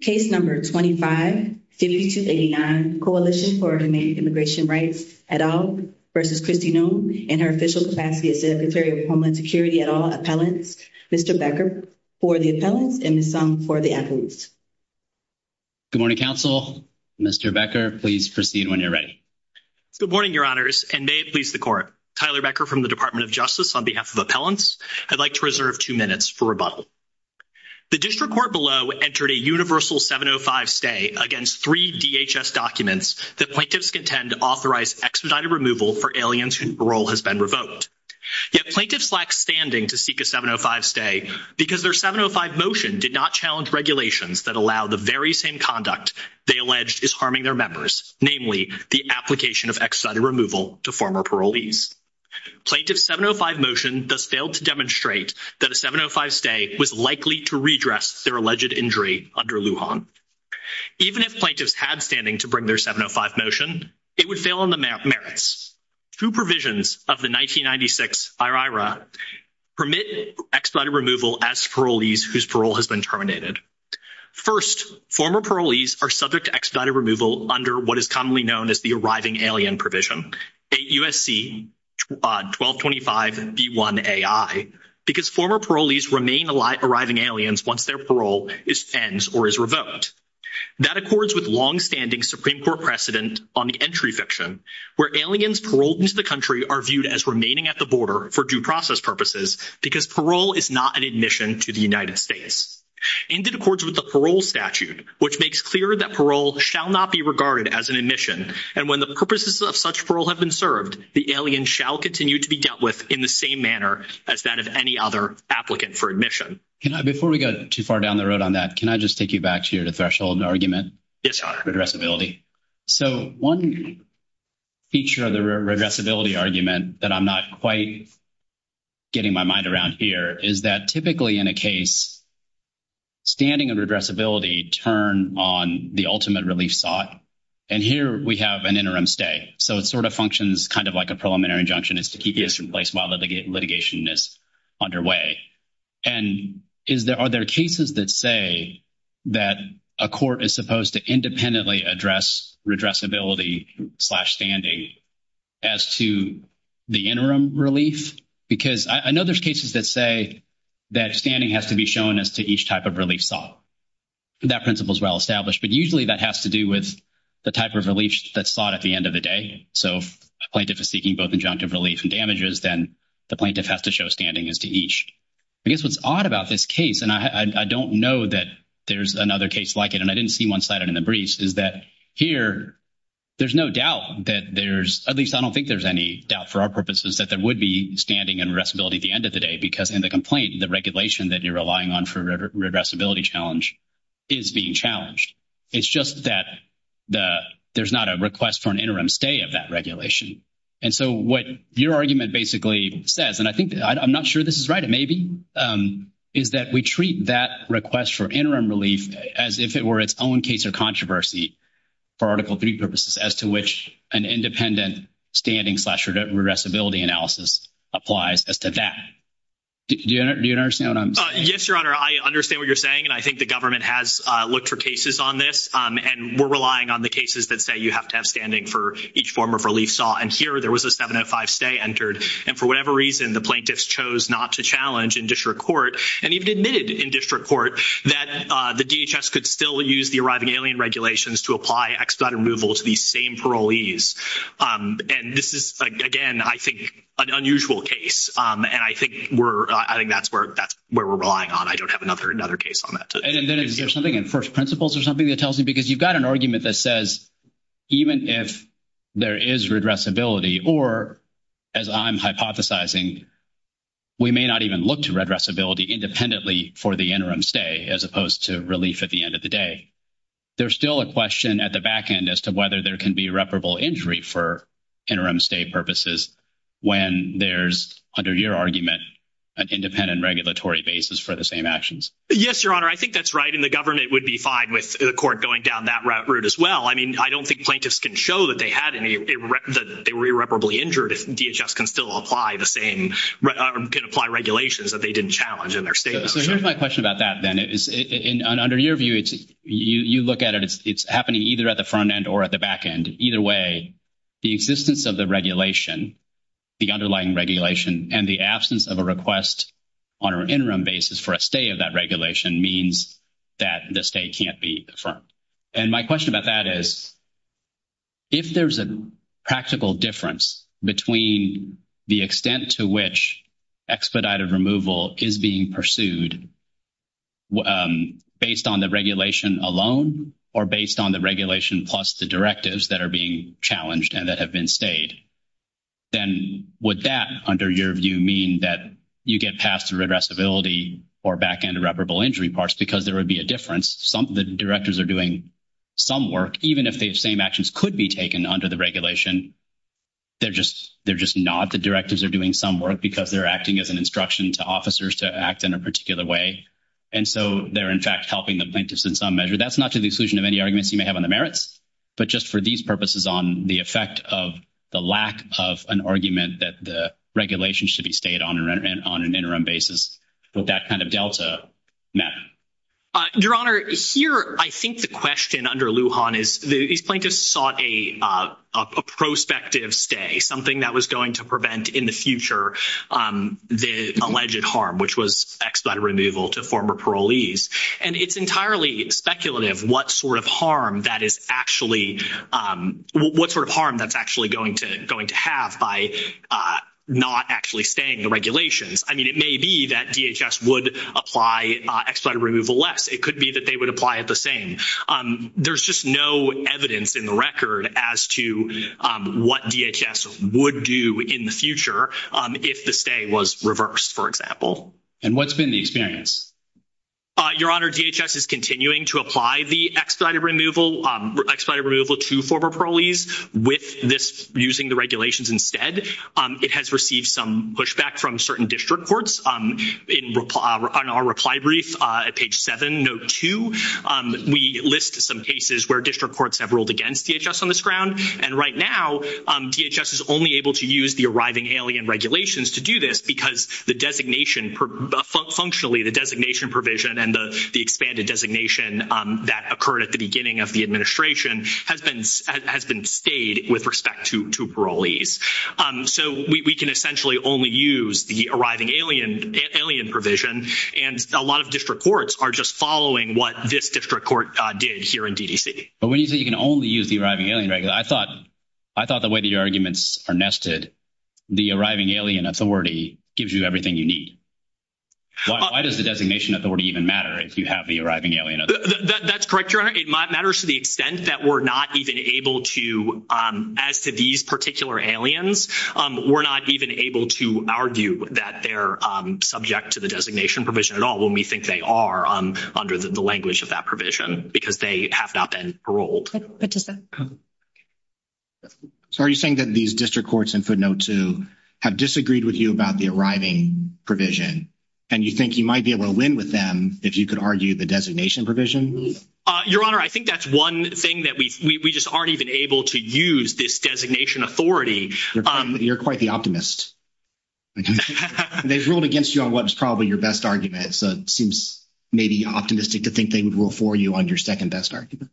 Case No. 25, Statute 289, Coalition for Humane Immigration Rights, et al. v. Kristi Noem and her official capacity as Secretary of Homeland Security et al. Appellants, Mr. Becker, for the appellants and Ms. Song for the appellants. Good morning, counsel. Mr. Becker, please proceed when you're ready. Good morning, your honors, and may it please the court. Tyler Becker from the Department of Justice, on behalf of Appellants, I'd like to reserve 2 minutes for rebuttal. The district court below entered a universal 705 stay against 3 DHS documents that plaintiffs contend to authorize extradited removal for aliens whose parole has been revoked. Yet, plaintiffs lack standing to seek a 705 stay because their 705 motion did not challenge regulations that allow the very same conduct they allege is harming their members, namely the application of extradited removal to former parolees. Plaintiff's 705 motion thus failed to demonstrate that a 705 stay was likely to redress their alleged injury under Lujan. Even if plaintiffs had standing to bring their 705 motion, it would fail on the merits. Two provisions of the 1996 IRIRA permit extradited removal as parolees whose parole has been terminated. First, former parolees are subject to extradited removal under what is commonly known as the arriving alien provision, a USC 1225B1AI, because former parolees remain arriving aliens once their parole is sent or is revoked. That accords with long standing Supreme Court precedent on the entry fiction, where aliens paroled into the country are viewed as remaining at the border for due process purposes, because parole is not an admission to the United States. In accordance with the parole statute, which makes clear that parole shall not be regarded as an admission, and when the purposes of such parole have been served, the alien shall continue to be dealt with in the same manner as that of any other applicant for admission. Before we go too far down the road on that, can I just take you back to the threshold of the argument? So, one feature of the reversibility argument that I'm not quite getting my mind around here is that typically in a case, standing and regressibility turn on the ultimate relief sought. And here we have an interim stay, so it sort of functions kind of like a preliminary injunction is to keep this in place while the litigation is underway. And are there cases that say that a court is supposed to independently address regressibility slash standing as to the interim relief? Because I know there's cases that say that standing has to be shown as to each type of relief sought. That principle is well established, but usually that has to do with the type of relief that's sought at the end of the day. So, if a plaintiff is seeking both injunctive relief and damages, then the plaintiff has to show standing as to each. I guess what's odd about this case, and I don't know that there's another case like it, and I didn't see one slide in the briefs, is that here, there's no doubt that there's at least, I don't think there's any doubt for our purposes that there would be standing and restability at the end of the day. Because in the complaint, the regulation that you're relying on for regressibility challenge is being challenged. It's just that there's not a request for an interim stay of that regulation. And so what your argument basically says, and I think I'm not sure this is right. Maybe is that we treat that request for interim relief as if it were its own case of controversy for Article 3 purposes as to which an independent standing slash regressibility analysis applies as to that. Do you understand? Yes, your honor. I understand what you're saying. And I think the government has looked for cases on this and we're relying on the cases that say, you have to have standing for each form of relief saw. And here there was a 7 and 5 stay entered, and for whatever reason, the plaintiffs chose not to challenge in district court, and even admitted in district court that the DHS could still use the arriving alien regulations to apply extra removal to the same parolees. And this is again, I think an unusual case, and I think we're, I think that's where that's where we're relying on. I don't have another another case on that. And there's something in 1st principles or something that tells me, because you've got an argument that says, even if there is regressibility, or as I'm hypothesizing, we may not even look to regressibility independently for the interim stay as opposed to relief at the end of the day. There's still a question at the back end as to whether there can be reparable injury for interim stay purposes when there's under your argument, an independent regulatory basis for the same actions. Yes, your honor. I think that's right. And the government would be fine with the court going down that route as well. I mean, I don't think plaintiffs can show that they had any, they were irreparably injured. DHS can still apply the same apply regulations that they didn't challenge in their state. So, here's my question about that. Then it is under your view. You look at it. It's happening either at the front end or at the back end. Either way, the existence of the regulation, the underlying regulation, and the absence of a request on an interim basis for a stay of that regulation means that the state can't be the front. And my question about that is, if there's a practical difference between the extent to which expedited removal is being pursued based on the regulation alone, or based on the regulation, plus the directives that are being challenged and that have been stayed. Then would that under your view mean that you get past the reversibility or back end irreparable injury parts? Because there would be a difference. Some of the directors are doing some work, even if the same actions could be taken under the regulation, they're just, they're just not the directors are doing some work because they're acting as an instruction to officers to act in a particular way. And so, they're, in fact, helping the plaintiffs in some measure. That's not to the exclusion of any arguments you may have on the merits, but just for these purposes on the effect of the lack of an argument that the regulation should be stayed on an interim basis, will that kind of delta matter? Your Honor, here, I think the question under Lujan is, the plaintiffs sought a prospective stay, something that was going to prevent in the future the alleged harm, which was expedited removal to former parolees, and it's entirely speculative what sort of harm that is actually, what sort of harm that's actually going to have by not actually staying the regulations. I mean, it may be that DHS would apply expedited removal less. It could be that they would apply it the same. There's just no evidence in the record as to what DHS would do in the future if the stay was reversed, for example. And what's been the experience? Your Honor, DHS is continuing to apply the expedited removal to former parolees with this using the regulations instead. It has received some pushback from certain district courts. In our reply brief at page 7, note 2, we list some cases where district courts have ruled against DHS on this ground, and right now, DHS is only able to use the arriving alien regulations to do this because the designation, functionally, the designation provision and the expanded designation that occurred at the beginning of the administration has been stayed with respect to parolees. So, we can essentially only use the arriving alien provision, and a lot of district courts are just following what this district court did here in DDC. But when you say you can only use the arriving alien regulation, I thought the way that your arguments are nested, the arriving alien authority gives you everything you need. Why does the designation authority even matter if you have the arriving alien authority? That's correct, Your Honor. It matters to the extent that we're not even able to, as to these particular aliens, we're not even able to argue that they're subject to the designation provision at all when we think they are under the language of that provision because they have not been paroled. So, are you saying that these district courts in footnote 2 have disagreed with you about the arriving provision, and you think you might be able to win with them if you could argue the designation provision? Your Honor, I think that's one thing that we just aren't even able to use this designation authority. You're quite the optimist. They've ruled against you on what's probably your best argument, so it seems maybe optimistic to think they would rule for you on your second best argument.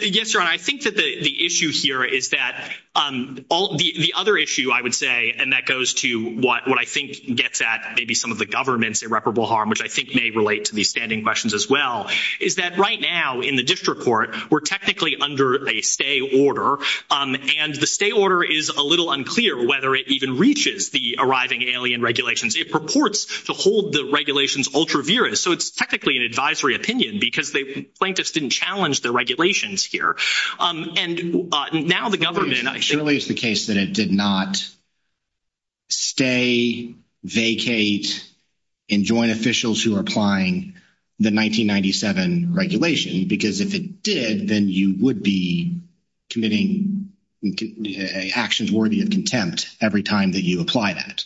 Yes, Your Honor. I think that the issue here is that the other issue, I would say, and that goes to what I think gets at maybe some of the government's irreparable harm, which I think may relate to these standing questions as well, is that right now in the district court, we're technically under a stay order, and the stay order is a little unclear whether it even reaches the arriving alien regulations. It purports to hold the regulations ultra-virus, so it's technically an advisory opinion because the plaintiffs didn't challenge the regulations here. It clearly is the case that it did not stay, vacate, and join officials who are applying the 1997 regulation, because if it did, then you would be committing actions worthy of contempt every time that you apply that.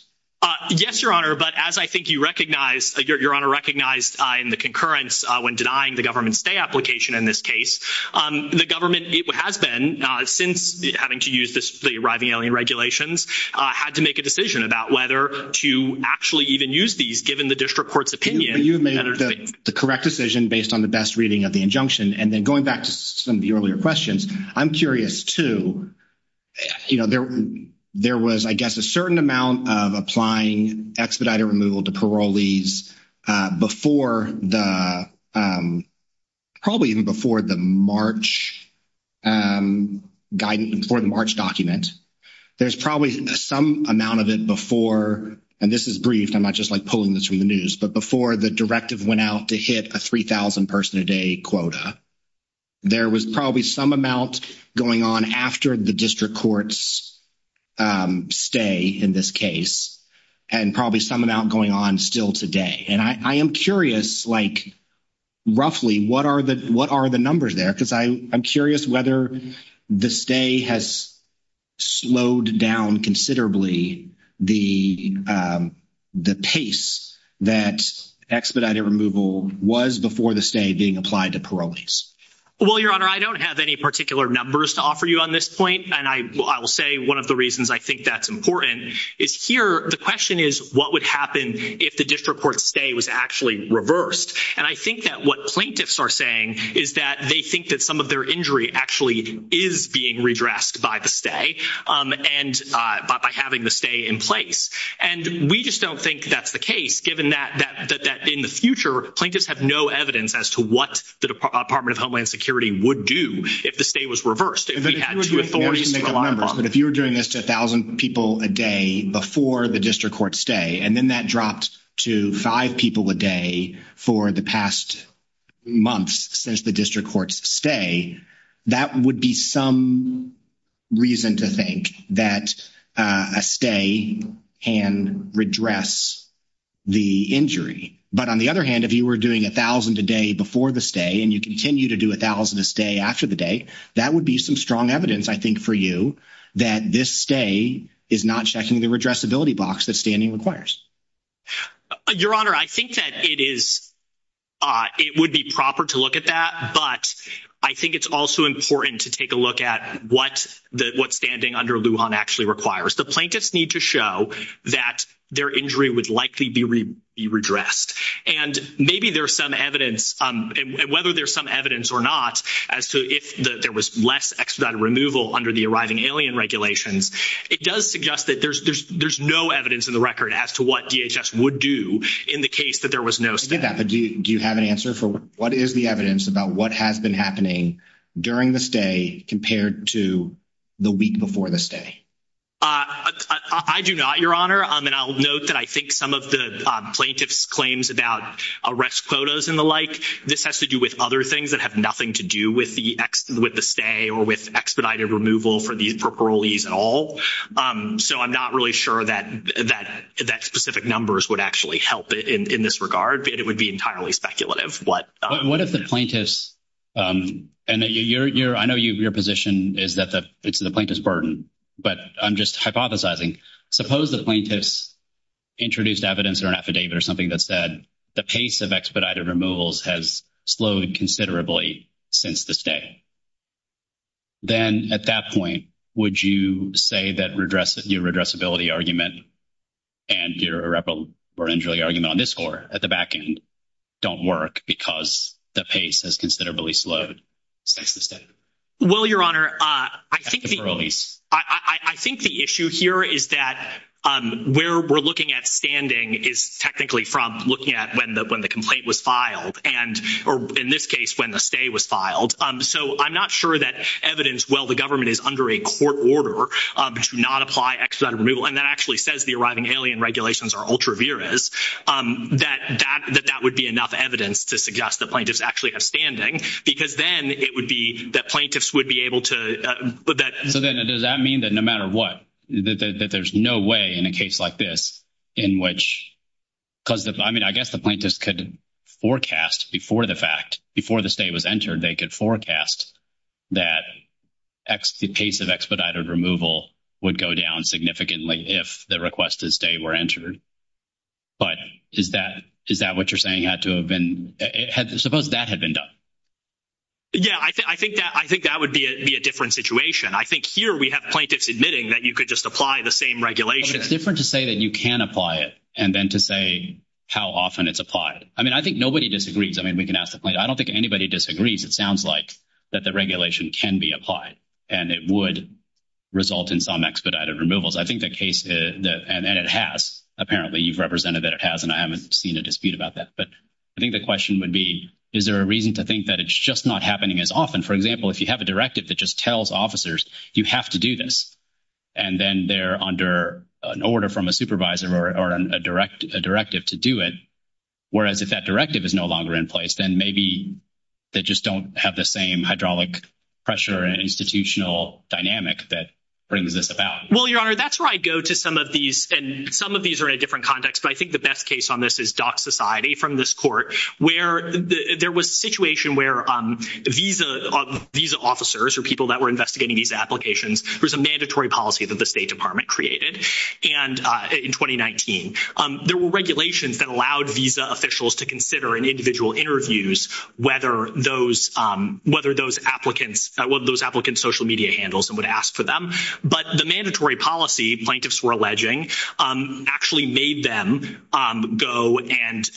Yes, Your Honor, but as I think you recognize, Your Honor recognized in the concurrence when denying the government stay application in this case, the government has been, since having to use the arriving alien regulations, had to make a decision about whether to actually even use these, given the district court's opinion. You've made the correct decision based on the best reading of the injunction, and then going back to some of the earlier questions, I'm curious too, you know, there was, I guess, a certain amount of applying expedited removal to parolees before the, probably even before the March guidance, before the March document. There's probably some amount of it before, and this is brief, I'm not just like pulling this from the news, but before the directive went out to hit a 3,000 person a day quota, there was probably some amount going on after the district court's stay in this case, and probably some amount going on still today. And I am curious, like, roughly, what are the numbers there, because I'm curious whether the stay has slowed down considerably the pace that expedited removal was before the stay being applied to parolees. Well, your honor, I don't have any particular numbers to offer you on this point, and I will say one of the reasons I think that's important is here, the question is, what would happen if the district court's stay was actually reversed? And I think that what plaintiffs are saying is that they think that some of their injury actually is being redressed by the stay, and by having the stay in place. And we just don't think that's the case, given that in the future, plaintiffs have no evidence as to what the Department of Homeland Security would do if the stay was reversed. If you were doing this to 1,000 people a day before the district court's stay, and then that dropped to 5 people a day for the past month since the district court's stay, that would be some reason to think that a stay can redress the injury. But on the other hand, if you were doing 1,000 a day before the stay, and you continue to do 1,000 a day after the day, that would be some strong evidence, I think, for you that this stay is not checking the redressability box that standing requires. Your Honor, I think that it would be proper to look at that, but I think it's also important to take a look at what standing under Lujan actually requires. The plaintiffs need to show that their injury would likely be redressed. And maybe there's some evidence, and whether there's some evidence or not, as to if there was less expedite removal under the arriving alien regulations, it does suggest that there's no evidence in the record as to what DHS would do in the case that there was no stay. Do you have an answer for what is the evidence about what has been happening during the stay compared to the week before the stay? I do not, Your Honor. And I'll note that I think some of the plaintiff's claims about arrest quotas and the like, this has to do with other things that have nothing to do with the stay or with expedited removal for parolees at all. So I'm not really sure that specific numbers would actually help in this regard. It would be entirely speculative. What if the plaintiffs, and I know your position is that it's the plaintiff's burden, but I'm just hypothesizing. Suppose the plaintiffs introduced evidence or an affidavit or something that said the pace of expedited removals has slowed considerably since the stay. Then at that point, would you say that your addressability argument and your irreparably argument on this floor at the back end don't work because the pace has considerably slowed since the stay? Well, Your Honor, I think the issue here is that where we're looking at standing is technically from looking at when the complaint was filed, or in this case when the stay was filed. So I'm not sure that evidence, well, the government is under a court order to not apply expedited removal. And that actually says the arriving alien regulations are ultra vires, that that would be enough evidence to suggest the plaintiffs actually have standing. Because then it would be that plaintiffs would be able to put that. Does that mean that no matter what, that there's no way in a case like this in which, because I mean, I guess the plaintiffs could forecast before the fact, before the stay was entered, they could forecast that the pace of expedited removal would go down significantly if the request to stay were entered. But is that what you're saying had to have been, suppose that had been done? Yeah, I think that would be a different situation. I think here we have plaintiffs admitting that you could just apply the same regulation. It's different to say that you can apply it and then to say how often it's applied. I mean, I think nobody disagrees. I mean, we can ask the plaintiffs. I don't think anybody disagrees. It sounds like that the regulation can be applied and it would result in some expedited removals. I think the case, and it has, apparently you've represented that it has, and I haven't seen a dispute about that. But I think the question would be, is there a reason to think that it's just not happening as often? For example, if you have a directive that just tells officers you have to do this, and then they're under an order from a supervisor or a directive to do it, whereas if that directive is no longer in place, then maybe they just don't have the same hydraulic pressure and institutional dynamic that brings this about. Well, Your Honor, that's where I go to some of these, and some of these are in a different context. But I think the best case on this is Dock Society from this court, where there was a situation where visa officers or people that were investigating these applications, there was a mandatory policy that the State Department created in 2019. There were regulations that allowed visa officials to consider in individual interviews whether those applicants, what those applicants' social media handles and would ask for them. But the mandatory policy plaintiffs were alleging actually made them go and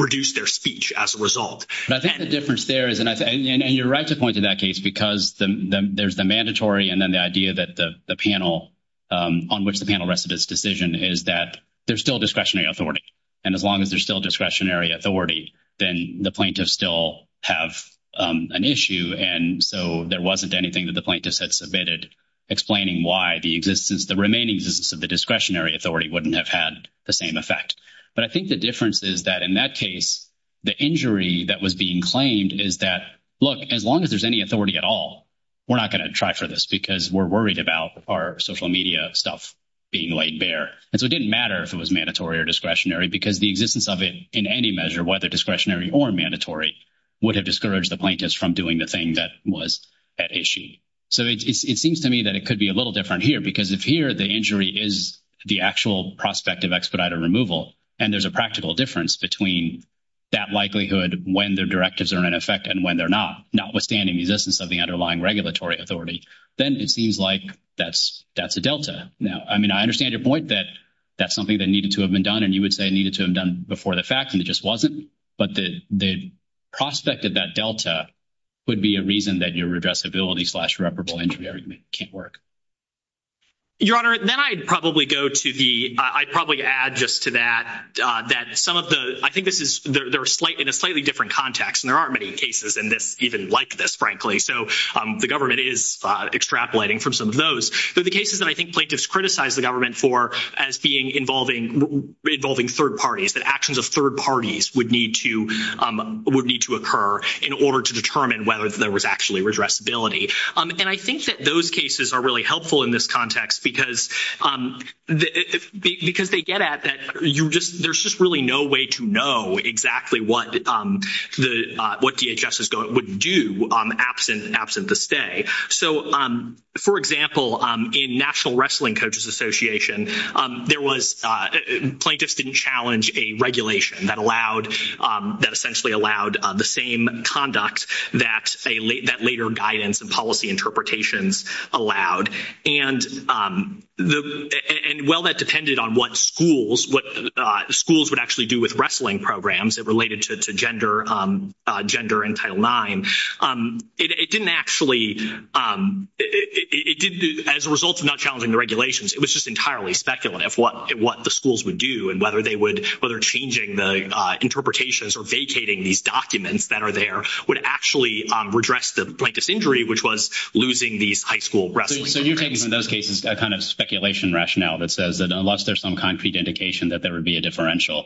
reduce their speech as a result. But I think the difference there is, and you're right to point to that case, because there's the mandatory and then the idea that the panel, on which the panel rested its decision, is that there's still discretionary authority. And as long as there's still discretionary authority, then the plaintiffs still have an issue. And so there wasn't anything that the plaintiffs had submitted explaining why the existence, the remaining existence of the discretionary authority wouldn't have had the same effect. But I think the difference is that in that case, the injury that was being claimed is that, look, as long as there's any authority at all, we're not going to try for this because we're worried about our social media stuff being laid bare. And so it didn't matter if it was mandatory or discretionary because the existence of it in any measure, whether discretionary or mandatory, would have discouraged the plaintiffs from doing the thing that was at issue. So it seems to me that it could be a little different here because if here the injury is the actual prospect of expedited removal and there's a practical difference between that likelihood when the directives are in effect and when they're not, notwithstanding the existence of the underlying regulatory authority, then it seems like that's a delta. Now, I mean, I understand your point that that's something that needed to have been done, and you would say it needed to have been done before the fact, and it just wasn't. But the prospect of that delta would be a reason that your redressability-slash-reparable injury argument can't work. Your Honor, then I'd probably go to the—I'd probably add just to that that some of the—I think this is—they're in a slightly different context, and there aren't many cases in this even like this, frankly. So the government is extrapolating from some of those. They're the cases that I think plaintiffs criticize the government for as being involving third parties, that actions of third parties would need to occur in order to determine whether there was actually redressability. And I think that those cases are really helpful in this context because they get at that there's just really no way to know exactly what DHS would do absent the stay. So, for example, in National Wrestling Coaches Association, there was—plaintiffs didn't challenge a regulation that allowed—that essentially allowed the same conduct that later guidance and policy interpretations allowed. And while that depended on what schools would actually do with wrestling programs that related to gender and Title IX, it didn't actually—as a result of not challenging the regulations, it was just entirely speculative what the schools would do and whether they would—whether changing the interpretations or vacating these documents that are there would actually redress the plaintiff's injury, which was losing these high school wrestlers. Okay. So you're taking from those cases that kind of speculation rationale that says that unless there's some concrete indication that there would be a differential,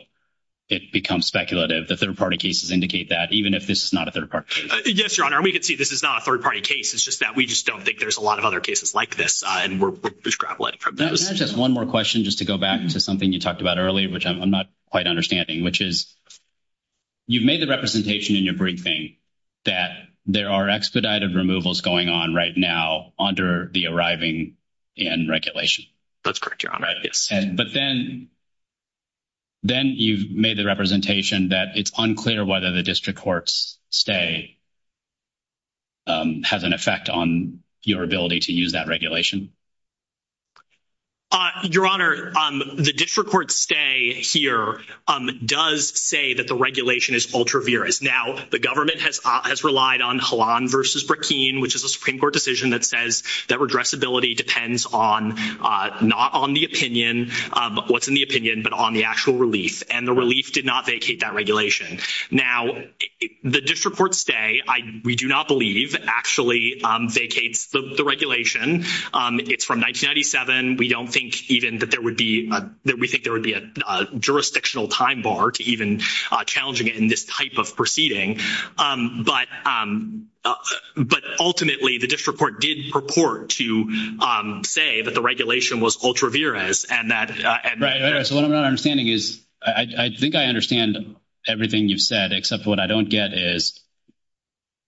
it becomes speculative. The third-party cases indicate that, even if this is not a third party. Yes, Your Honor. We can see this is not a third-party case. It's just that we just don't think there's a lot of other cases like this, and we're— Just one more question just to go back to something you talked about earlier, which I'm not quite understanding, which is you've made the representation in your briefing that there are expedited removals going on right now under the arriving end regulation. That's correct, Your Honor. Right. But then you've made the representation that it's unclear whether the district courts stay has an effect on your ability to use that regulation. Your Honor, the district court stay here does say that the regulation is ultra-virus. Now, the government has relied on Halon v. Burkine, which is a Supreme Court decision that says that redressability depends on—not on the opinion, but what's in the opinion, but on the actual relief. And the relief did not vacate that regulation. Now, the district court stay, we do not believe, actually vacates the regulation. It's from 1997. We don't think even that there would be—that we think there would be a jurisdictional time bar to even challenging it in this type of proceeding. But ultimately, the district court did purport to say that the regulation was ultra-virus and that— Your Honor, so what I'm understanding is—I think I understand everything you've said, except what I don't get is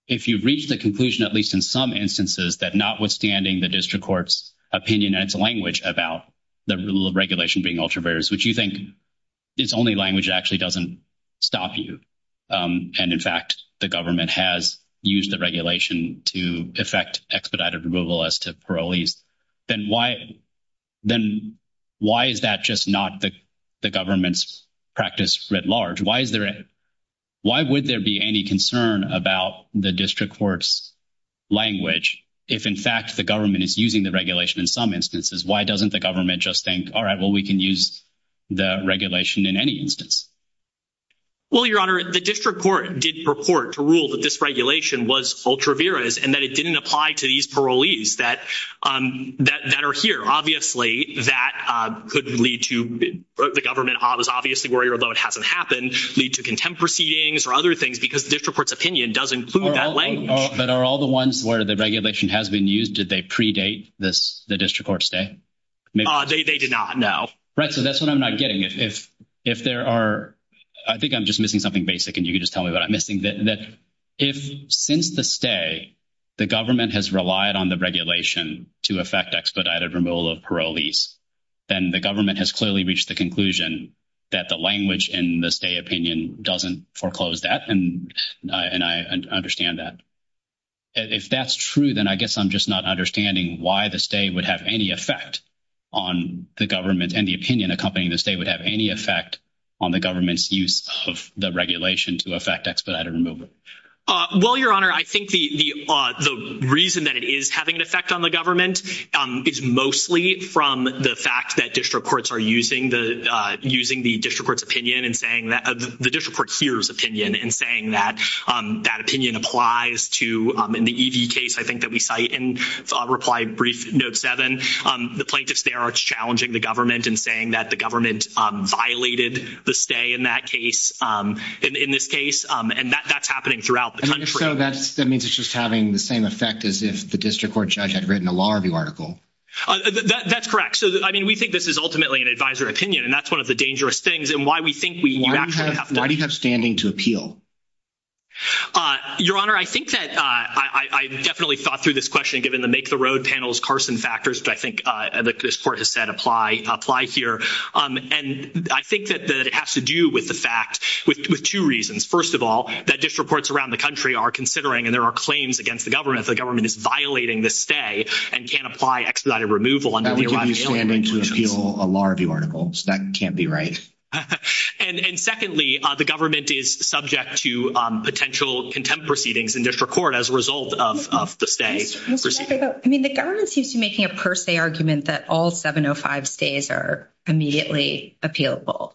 if you reach the conclusion, at least in some instances, that notwithstanding the district court's opinion and its language about the rule of regulation being ultra-virus, which you think its only language actually doesn't stop you, and in fact, the government has used the regulation to effect expedited removal as to parolees, then why is that just not the government's practice writ large? Why is there—why would there be any concern about the district court's language if, in fact, the government is using the regulation in some instances? Why doesn't the government just think, all right, well, we can use the regulation in any instance? Well, Your Honor, the district court did purport to rule that this regulation was ultra-virus and that it didn't apply to these parolees that are here. Obviously, that could lead to—the government is obviously worried about it hasn't happened, lead to contempt proceedings or other things because the district court's opinion does include that language. But are all the ones where the regulation has been used, did they predate the district court's day? They did not, no. Right, so that's what I'm not getting. If there are—I think I'm just missing something basic, and you can just tell me what I'm missing. If, since the stay, the government has relied on the regulation to effect expedited removal of parolees, then the government has clearly reached the conclusion that the language in the stay opinion doesn't foreclose that, and I understand that. If that's true, then I guess I'm just not understanding why the stay would have any effect on the government and the opinion accompanying the stay would have any effect on the government's use of the regulation to effect expedited removal. Well, Your Honor, I think the reason that it is having an effect on the government is mostly from the fact that district courts are using the district court's opinion and saying that the district court hears opinion and saying that that opinion applies to, in the E.D. case I think that we cite in reply brief note 7, the plaintiffs there are challenging the government and saying that the government violated the stay in that case, in this case, and that's happening throughout the country. And so that means it's just having the same effect as if the district court judge had written a law review article. That's correct. So, I mean, we think this is ultimately an advisory opinion, and that's one of the dangerous things. Why do you have standing to appeal? Your Honor, I think that I definitely thought through this question given the make the road panels Carson factors that I think the court has said apply here. And I think that it has to do with the fact, with two reasons. First of all, that district courts around the country are considering and there are claims against the government that the government is violating the stay and can't apply expedited removal until you slam into a law review article. So that can't be right. And secondly, the government is subject to potential contempt proceedings in district court as a result of the stay. I mean, the government seems to be making a per se argument that all 705 stays are immediately appealable.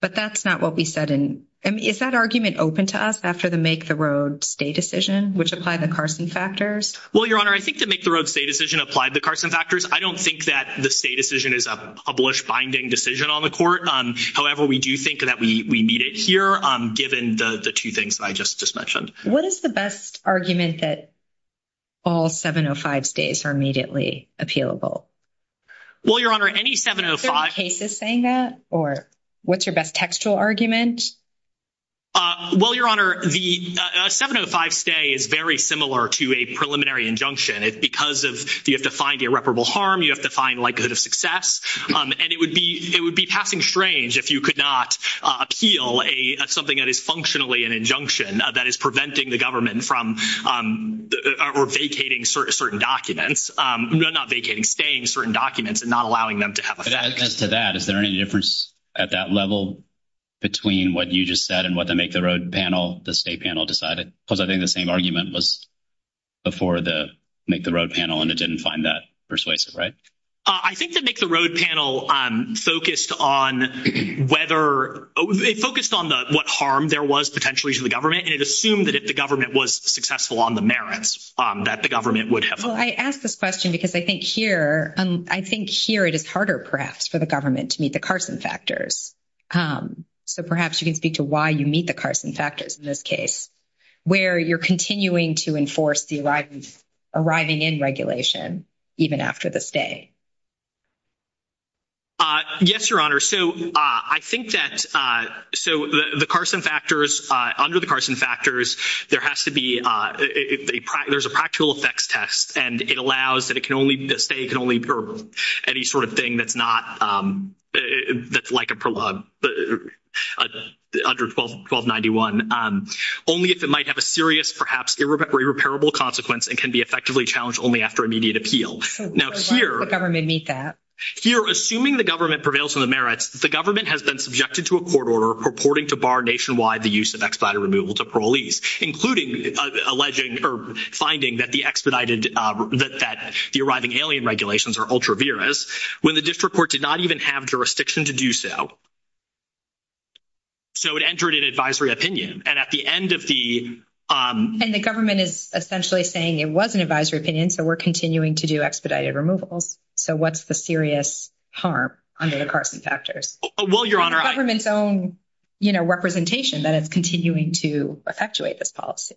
But that's not what we said in, is that argument open to us after the make the road stay decision, which applied the Carson factors? Well, Your Honor, I think the make the road stay decision applied the Carson factors. I don't think that the stay decision is a published binding decision on the court. However, we do think that we need it here given the two things I just just mentioned. What is the best argument that all 705 stays are immediately appealable? Well, Your Honor, any 705… Is there a case that's saying that or what's your best textual argument? Well, Your Honor, the 705 stay is very similar to a preliminary injunction. It's because of you have to find irreparable harm. You have to find likelihood of success. And it would be it would be passing strange if you could not appeal a something that is functionally an injunction that is preventing the government from vacating certain documents. They're not vacating, staying certain documents and not allowing them to have… As to that, is there any difference at that level between what you just said and what the make the road panel, the state panel decided? Because I think the same argument was before the make the road panel and it didn't find that persuasive, right? I think the make the road panel focused on whether it focused on what harm there was potentially to the government. And it assumed that if the government was successful on the merits that the government would have… Well, I ask this question because I think here… I think here it is harder perhaps for the government to meet the Carson factors. So perhaps you can speak to why you meet the Carson factors in this case where you're continuing to enforce the arriving in regulation even after the stay. Yes, Your Honor. So, I think that… So, the Carson factors… Under the Carson factors, there has to be… There's a practical effects test and it allows that it can only… That stay can only… Any sort of thing that's not… That's like a prologue under 1291. Only if it might have a serious, perhaps irreparable consequence and can be effectively challenged only after immediate appeal. Now, here… The government needs that. Here, assuming the government prevails on the merits, the government has been subjected to a court order purporting to bar nationwide the use of expedited removal to parolees, including alleging or finding that the expedited… That the arriving alien regulations are ultra-virous when the district court did not even have jurisdiction to do so. So, it entered an advisory opinion. And at the end of the… And the government is essentially saying it was an advisory opinion, so we're continuing to do expedited removal. So, what's the serious harm under the Carson factors? Well, Your Honor… Government's own, you know, representation that is continuing to perpetuate this policy.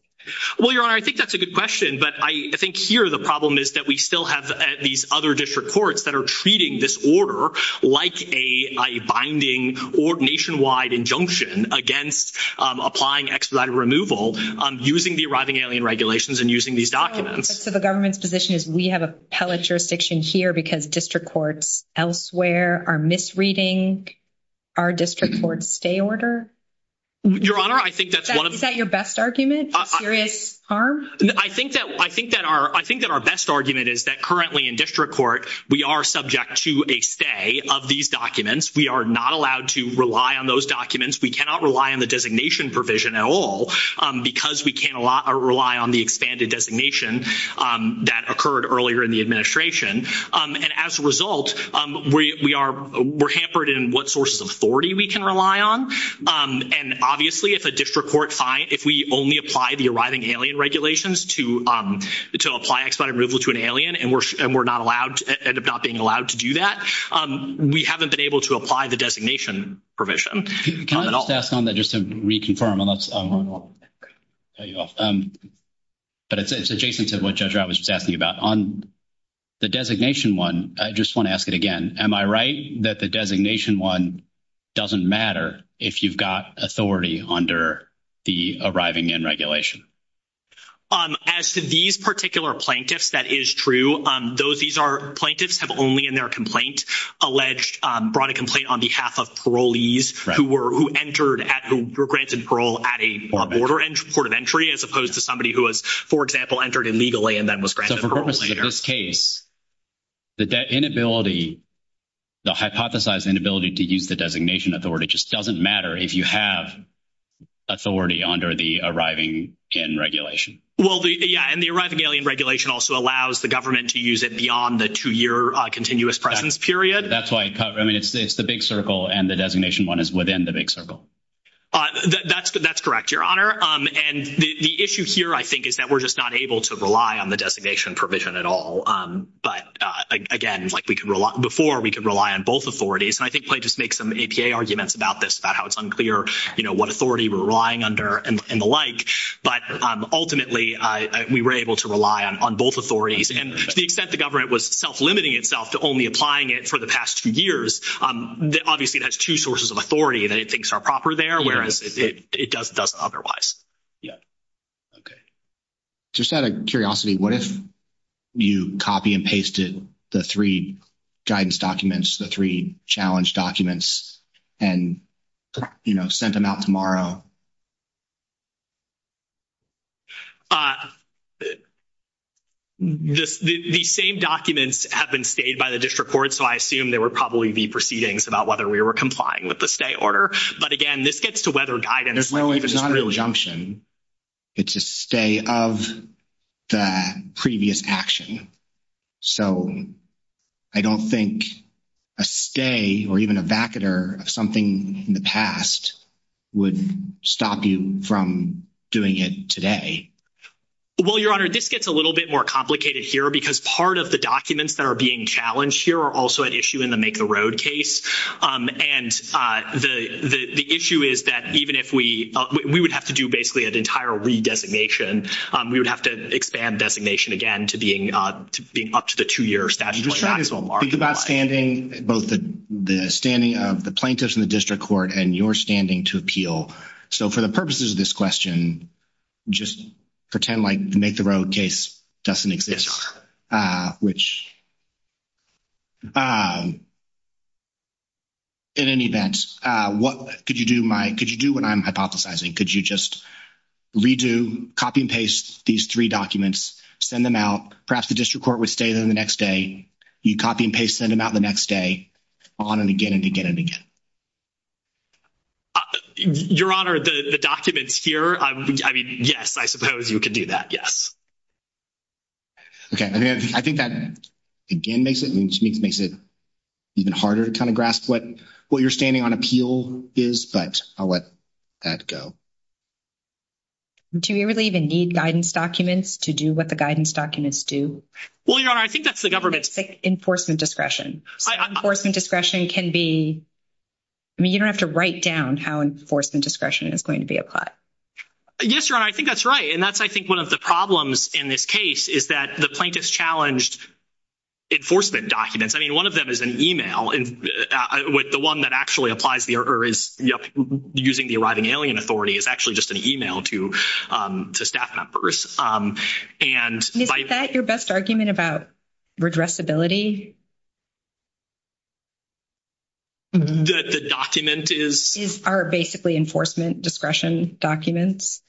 Well, Your Honor, I think that's a good question. But I think here the problem is that we still have these other district courts that are treating this order like a binding or nationwide injunction against applying expedited removal using the arriving alien regulations and using these documents. So, the government's position is we have appellate jurisdiction here because district courts elsewhere are misreading our district court stay order? Your Honor, I think that's one of… Is that your best argument, serious harm? I think that our best argument is that currently in district court, we are subject to a stay of these documents. We are not allowed to rely on those documents. We cannot rely on the designation provision at all because we can't rely on the expanded designation that occurred earlier in the administration. And as a result, we are…we're hampered in what sources of authority we can rely on. And obviously, if a district court finds…if we only apply the arriving alien regulations to apply expedited removal to an alien and we're not allowed…end up not being allowed to do that, we haven't been able to apply the designation provision. Can I just ask on that just to reconfirm? But it's adjacent to what Judge Ratt was just asking about. On the designation one, I just want to ask it again. Am I right that the designation one doesn't matter if you've got authority under the arriving alien regulation? As to these particular plaintiffs, that is true. Plaintiffs have only in their complaint alleged…brought a complaint on behalf of parolees who were…who entered at…who were granted parole at a border…port of entry as opposed to somebody who has, for example, entered illegally and then was granted parole later. So, for this case, the inability…the hypothesized inability to use the designation authority just doesn't matter if you have authority under the arriving alien regulation? Well, yeah. And the arriving alien regulation also allows the government to use it beyond the 2-year continuous presence period. That's why…I mean, it's the big circle and the designation one is within the big circle. That's correct, Your Honor. And the issue here, I think, is that we're just not able to rely on the designation provision at all. But, again, like we could rely…before, we could rely on both authorities. And I think plaintiffs make some APA arguments about this, about how it's unclear, you know, what authority we're relying under and the like. But, ultimately, we were able to rely on both authorities. And to the extent the government was self-limiting itself to only applying it for the past few years, obviously, it has two sources of authority that it thinks are proper there, whereas it doesn't otherwise. Okay. Just out of curiosity, what if you copy and pasted the three guidance documents, the three challenge documents, and, you know, sent them out tomorrow? The same documents have been stayed by the district court, so I assume there would probably be proceedings about whether we were complying with the stay order. But, again, this gets to whether guidance… Well, it's not a rejunction. It's a stay of the previous action. So, I don't think a stay or even a vacatur of something in the past would stop you from doing it today. Well, Your Honor, this gets a little bit more complicated here because part of the documents that are being challenged here are also at issue in the Make a Road case. And the issue is that even if we—we would have to do basically an entire redesignation. We would have to expand designation again to being up to the two-year statute. Think about standing—both the standing of the plaintiffs in the district court and your standing to appeal. So, for the purposes of this question, just pretend like the Make the Road case doesn't exist, which… In any event, what could you do, Mike? Could you do what I'm hypothesizing? Could you just redo, copy and paste these three documents, send them out, perhaps the district court would stay them the next day, you copy and paste, send them out the next day, on and again and again and again? Your Honor, the documents here, I mean, yes, I suppose you could do that, yes. Okay. I mean, I think that again makes it—I mean, makes it even harder to kind of grasp what your standing on appeal is, but I'll let that go. Do we really even need guidance documents to do what the guidance documents do? Well, Your Honor, I think that's the government's— Enforcement discretion. Enforcement discretion can be—I mean, you don't have to write down how enforcement discretion is going to be applied. Yes, Your Honor, I think that's right. And that's, I think, one of the problems in this case is that the plaintiff's challenged enforcement documents. I mean, one of them is an email with the one that actually applies the—or is, you know, using the arriving alien authority is actually just an email to staff members. And— Is that your best argument about redressability? The document is— are basically enforcement discretion documents?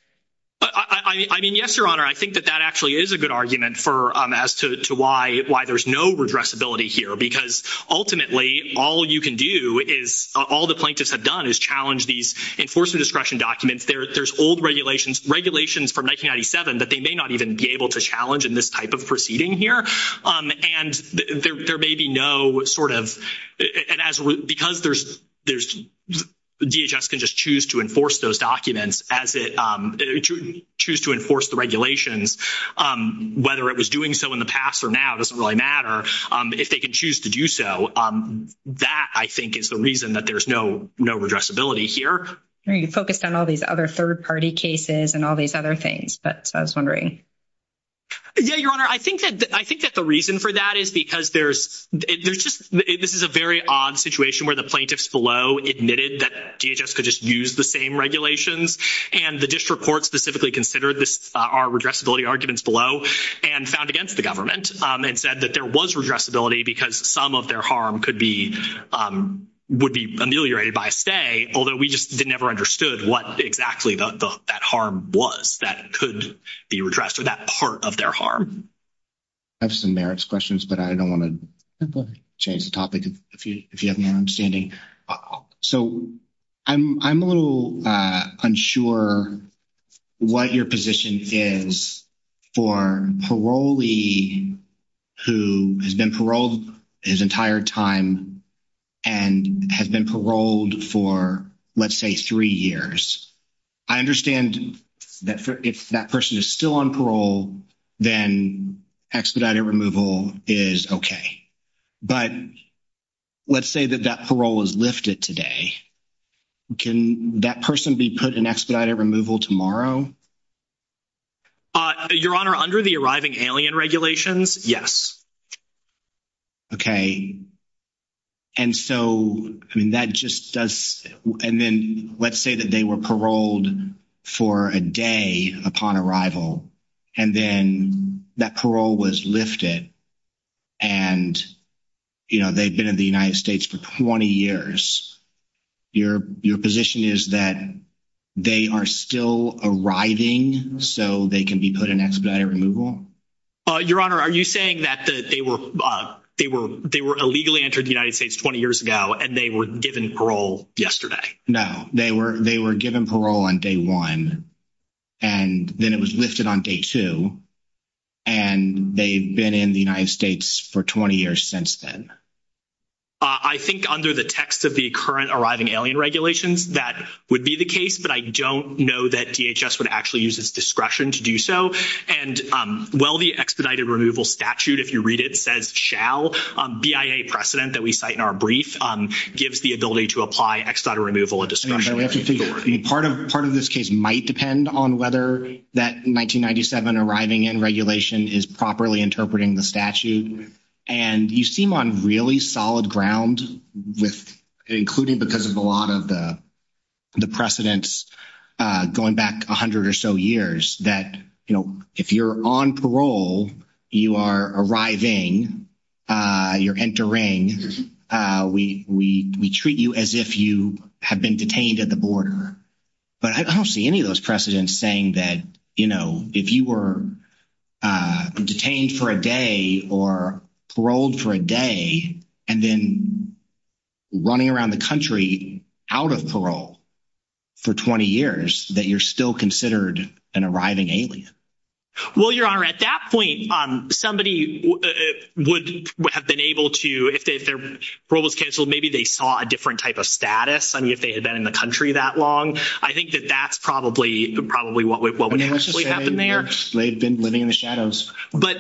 I mean, yes, Your Honor, I think that that actually is a good argument for—as to why there's no redressability here, because ultimately all you can do is—all the plaintiffs have done is challenged these enforcement discretion documents. There's old regulations from 1997 that they may not even be able to challenge in this type of proceeding here. And there may be no sort of—and as—because there's—DHS can just choose to enforce those documents as it—choose to enforce the regulations. Whether it was doing so in the past or now doesn't really matter. If they can choose to do so, that, I think, is the reason that there's no redressability here. You focused on all these other third-party cases and all these other things, but I was wondering. Yeah, Your Honor, I think that the reason for that is because there's—there's just—this is a very odd situation where the plaintiffs below admitted that DHS could just use the same regulations, and the district court specifically considered this—our redressability arguments below and found against the government and said that there was redressability because some of their harm could be—would be ameliorated by a stay, although we just never understood what exactly that harm was that could be redressed or that part of their harm. I have some merits questions, but I don't want to change the topic if you have no understanding. So, I'm a little unsure what your position is for a parolee who has been paroled his entire time and has been paroled for, let's say, three years. I understand that if that person is still on parole, then expediting removal is okay. But let's say that that parole was lifted today. Can that person be put in expedited removal tomorrow? Your Honor, under the arriving alien regulations, yes. Okay. And so, I mean, that just does—and then let's say that they were paroled for a day upon arrival, and then that parole was lifted, and, you know, they've been in the United States for 20 years. Your position is that they are still arriving so they can be put in expedited removal? Your Honor, are you saying that they were illegally entered the United States 20 years ago, and they were given parole yesterday? No. They were given parole on day one, and then it was lifted on day two, and they've been in the United States for 20 years since then. I think under the text of the current arriving alien regulations, that would be the case, but I don't know that DHS would actually use this discretion to do so. And while the expedited removal statute, if you read it, says shall, BIA precedent that we cite in our brief gives the ability to apply expedited removal a discretionary authority. Part of this case might depend on whether that 1997 arriving alien regulation is properly interpreting the statute. And you seem on really solid ground with, including because of a lot of the precedents going back 100 or so years, that, you know, if you're on parole, you are arriving, you're entering, we treat you as if you have been detained at the border. But I don't see any of those precedents saying that, you know, if you were detained for a day or paroled for a day, and then running around the country out of parole for 20 years, that you're still considered an arriving alien. Well, Your Honor, at that point, somebody would have been able to, if parole was canceled, maybe they saw a different type of status. I mean, if they had been in the country that long, I think that that's probably what would have put them there. They've been living in the shadows. But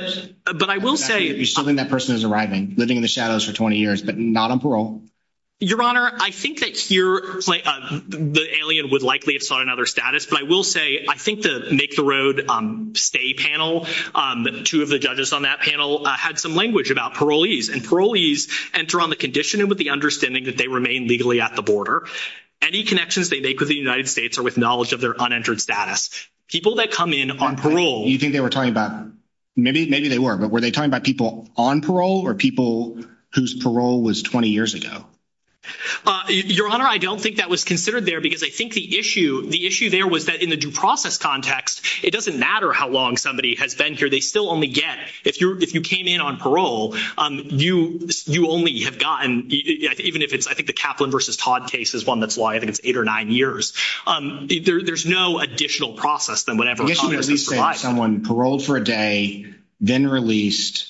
I will say. That person is arriving, living in the shadows for 20 years, but not on parole. Your Honor, I think that here the alien would likely have sought another status. But I will say, I think the Make the Road Stay panel, two of the judges on that panel, had some language about parolees. And parolees enter on the condition and with the understanding that they remain legally at the border. Any connections they make with the United States are with knowledge of their unentered status. People that come in on parole. Maybe they were. But were they talking about people on parole or people whose parole was 20 years ago? Your Honor, I don't think that was considered there because I think the issue there was that in the due process context, it doesn't matter how long somebody has been here. They still only get. If you came in on parole, you only have gotten, even if it's, I think the Kaplan v. Todd case is one that's why I think it's eight or nine years. There's no additional process than whatever. Let's say someone paroled for a day, then released,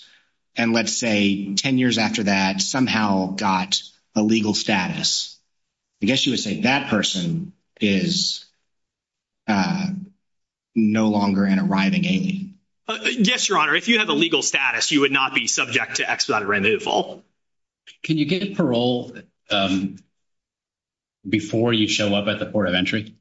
and let's say 10 years after that somehow got a legal status. I guess you would say that person is no longer an arriving alien. Yes, Your Honor. If you have a legal status, you would not be subject to exit on removal. Can you get parole before you show up at the port of entry?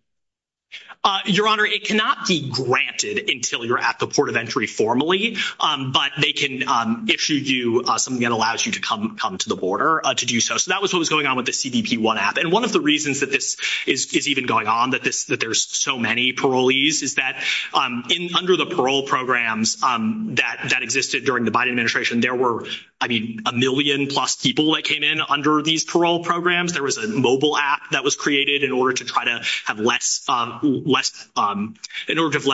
Your Honor, it cannot be granted until you're at the port of entry formally, but they can issue you something that allows you to come to the border to do so. So that was what was going on with the CBP-1 app. One of the reasons that this is even going on, that there's so many parolees, is that under the parole programs that existed during the Biden administration, there were, I mean, a million plus people that came in under these parole programs. There was a mobile app that was created in order to try to have less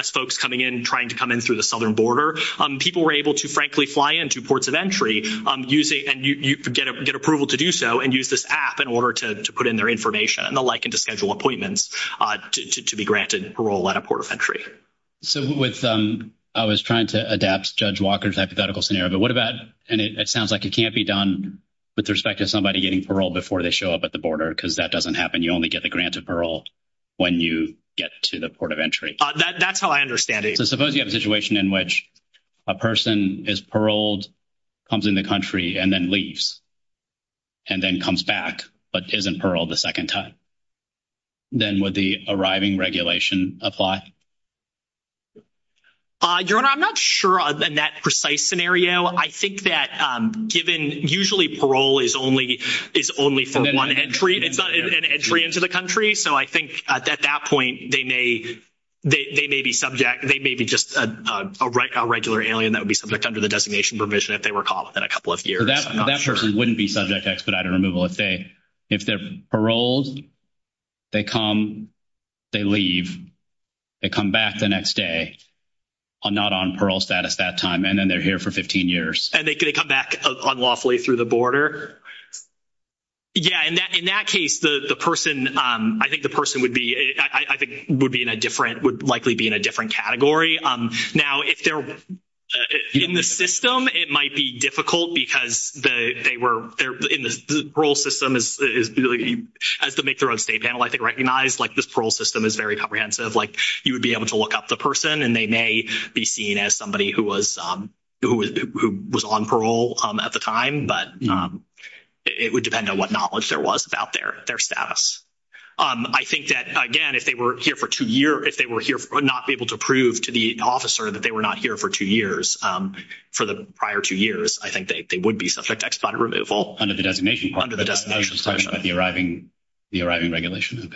folks coming in, trying to come in through the southern border. People were able to, frankly, fly into ports of entry and get approval to do so and use this app in order to put in their information and the like and to schedule appointments to be granted parole at a port of entry. So I was trying to adapt Judge Walker's hypothetical scenario, but what about, and it sounds like it can't be done with respect to somebody getting parole before they show up at the border because that doesn't happen. You only get the grant of parole when you get to the port of entry. That's how I understand it. So suppose you have a situation in which a person is paroled, comes into the country, and then leaves and then comes back but isn't paroled a second time. Then would the arriving regulation apply? Your Honor, I'm not sure on that precise scenario. I think that given, usually parole is only for one entry, it's an entry into the country. So I think at that point they may be subject, they may be just a regular alien that would be subject under the designation provision if they were caught within a couple of years. So that person wouldn't be subject to expedited removal. If they're paroled, they come, they leave, they come back the next day, not on parole status that time, and then they're here for 15 years. And they could come back unlawfully through the border? Yeah, in that case, the person, I think the person would be in a different, would likely be in a different category. Now, if they're in the system, it might be difficult because they were in the parole system as to make their own state panel. I think recognize, like, this parole system is very comprehensive. Like, you would be able to look up the person, and they may be seen as somebody who was on parole at the time. But it would depend on what knowledge there was about their status. I think that, again, if they were here for two years, if they were not able to prove to the officer that they were not here for two years, for the prior two years, I think they would be subject to expedited removal. Under the designation. Under the designation. Are you just talking about the arriving regulation?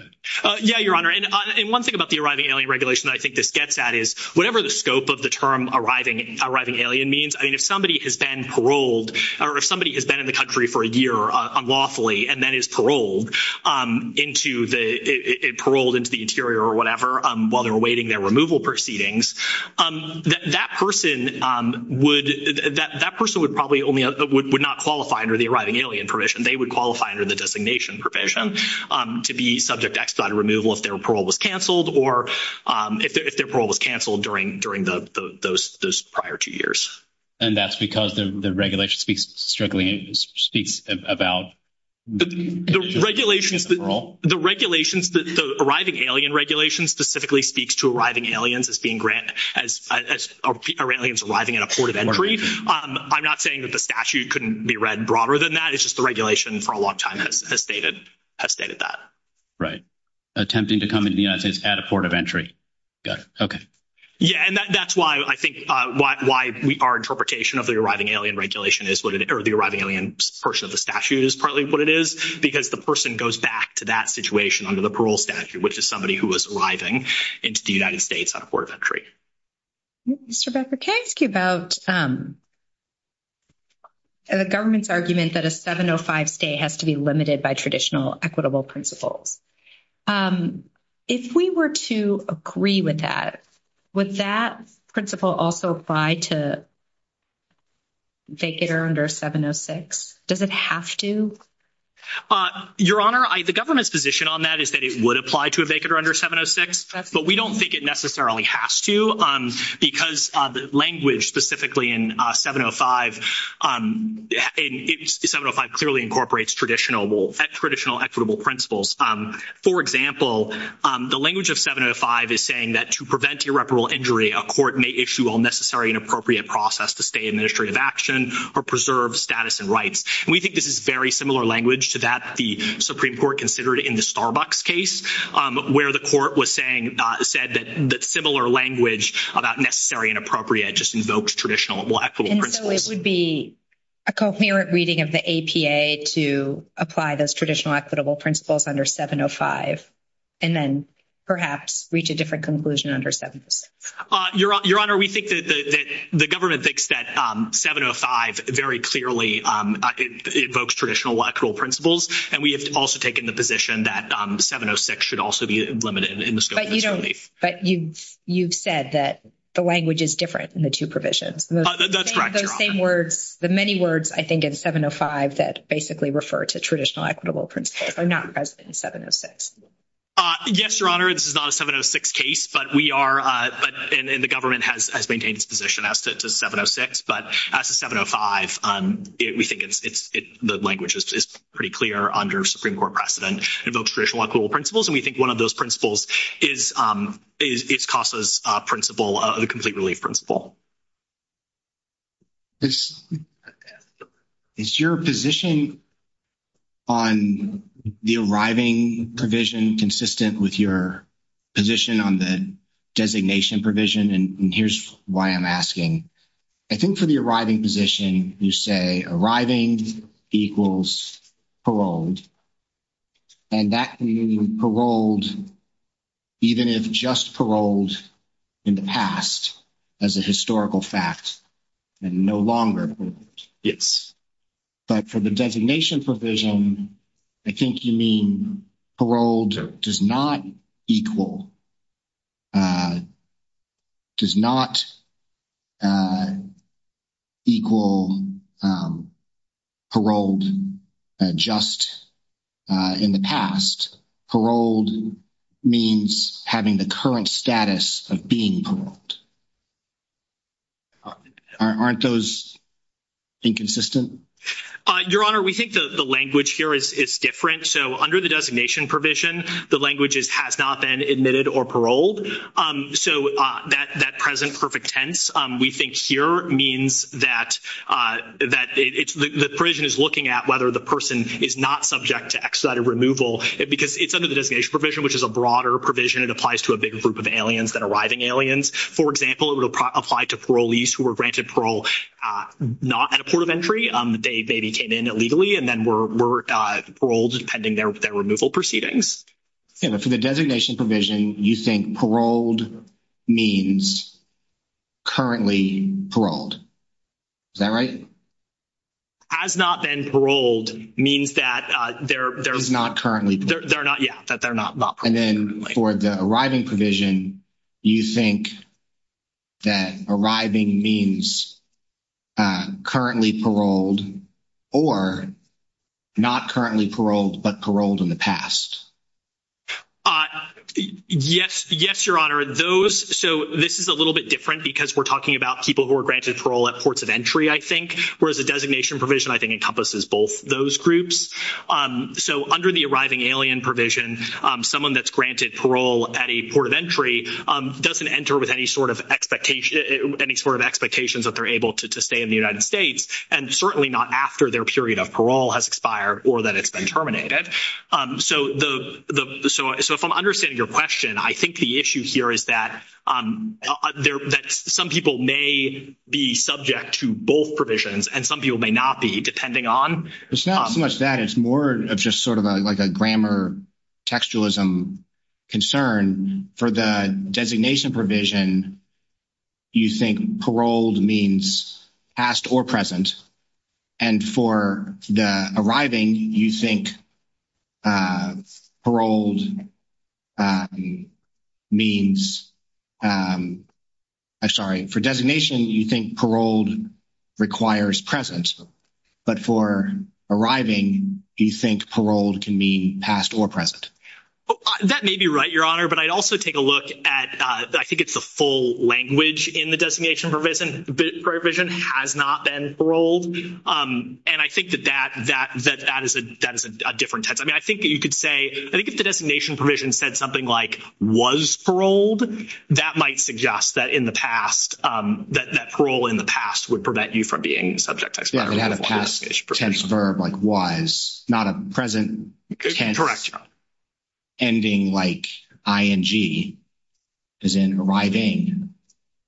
Yeah, Your Honor, and one thing about the arriving alien regulation that I think this gets at is whatever the scope of the term arriving alien means, I mean, if somebody has been paroled, or if somebody has been in the country for a year unlawfully and then is paroled into the, paroled into the interior or whatever, while they're awaiting their removal proceedings, that person would, that person would probably only, would not qualify under the arriving alien provision. They would qualify under the designation provision to be subject to expedited removal if their parole was canceled, or if their parole was canceled during those prior two years. And that's because the regulation speaks strictly, speaks about the parole? The regulations, the arriving alien regulation specifically speaks to arriving aliens as being granted, as Iranians arriving in a port of entry. I'm not saying that the statute couldn't be read broader than that. It's just the regulation for a long time has stated, has stated that. Attempting to come into the United States at a port of entry. Got it. Okay. Yeah, and that's why I think why we, our interpretation of the arriving alien regulation is, or the arriving alien person of the statute is partly what it is, because the person goes back to that situation under the parole statute, which is somebody who was arriving into the United States on a port of entry. Mr. Becker, can I ask you about the government's argument that a 705 stay has to be limited by traditional equitable principles? If we were to agree with that, would that principle also apply to a vacator under 706? Does it have to? Your Honor, the government's position on that is that it would apply to a vacator under 706, but we don't think it necessarily has to, because the language specifically in 705, 705 clearly incorporates traditional, traditional equitable principles. For example, the language of 705 is saying that to prevent irreparable injury, a court may issue all necessary and appropriate process to stay administrative action or preserve status and rights. And we think this is very similar language to that the Supreme Court considered in the Starbucks case, where the court was saying, said that similar language about necessary and appropriate just invokes traditional equitable principles. And so it would be a coherent reading of the APA to apply those traditional equitable principles under 705, and then perhaps reach a different conclusion under 706. Your Honor, we think that the government thinks that 705 very clearly invokes traditional equitable principles, and we have also taken the position that 706 should also be limited in the scope of the plea. But you said that the language is different in the two provisions. That's correct, Your Honor. The same words, the many words, I think, in 705 that basically refer to traditional equitable principles are not present in 706. Yes, Your Honor, this is not a 706 case, but we are, and the government has maintained its position as to 706. But as to 705, we think the language is pretty clear under Supreme Court precedent. It invokes traditional equitable principles, and we think one of those principles is CASA's principle, the complete relief principle. Is your position on the arriving provision consistent with your position on the designation provision? And here's why I'm asking. I think for the arriving position, you say arriving equals paroled, and that can mean paroled even if just paroled in the past as a historical fact and no longer if. But for the designation provision, I think you mean paroled or does not equal, does not equal paroled just in the past. Paroled means having the current status of being paroled. Aren't those inconsistent? Your Honor, we think the language here is different. So under the designation provision, the language has not been admitted or paroled. So that present perfect tense, we think here means that the provision is looking at whether the person is not subject to expedited removal. Because it's under the designation provision, which is a broader provision. It applies to a bigger group of aliens than arriving aliens. For example, it would apply to parolees who were granted parole not at a port of entry. They came in illegally and then were paroled pending their removal proceedings. Yeah. But for the designation provision, you think paroled means currently paroled. Is that right? Has not been paroled means that they're not currently paroled. They're not, yeah, that they're not paroled currently. For the arriving provision, you think that arriving means currently paroled or not currently paroled, but paroled in the past? Yes, Your Honor. Those, so this is a little bit different because we're talking about people who were granted parole at ports of entry, I think. Whereas the designation provision, I think, encompasses both those groups. So under the arriving alien provision, someone that's granted parole at a port of entry doesn't enter with any sort of expectation, any sort of expectations that they're able to stay in the United States. And certainly not after their period of parole has expired or that it's been terminated. So if I'm understanding your question, I think the issue here is that some people may be subject to both provisions and some people may not be, depending on… It's not so much that. It's more of just sort of like a grammar textualism concern. For the designation provision, you think paroled means past or present. And for the arriving, you think paroled means, I'm sorry, for designation, you think paroled requires present. But for arriving, you think paroled can mean past or present. That may be right, Your Honor. But I also take a look at, I think it's a full language in the designation provision. The provision has not been paroled. And I think that that is a different text. I mean, I think that you could say, I think if the designation provision said something like was paroled, that might suggest that in the past, that parole in the past would prevent you from being subject to… We have a past tense verb like was, not a present tense. Correct, Your Honor. Ending like ing, as in arriving,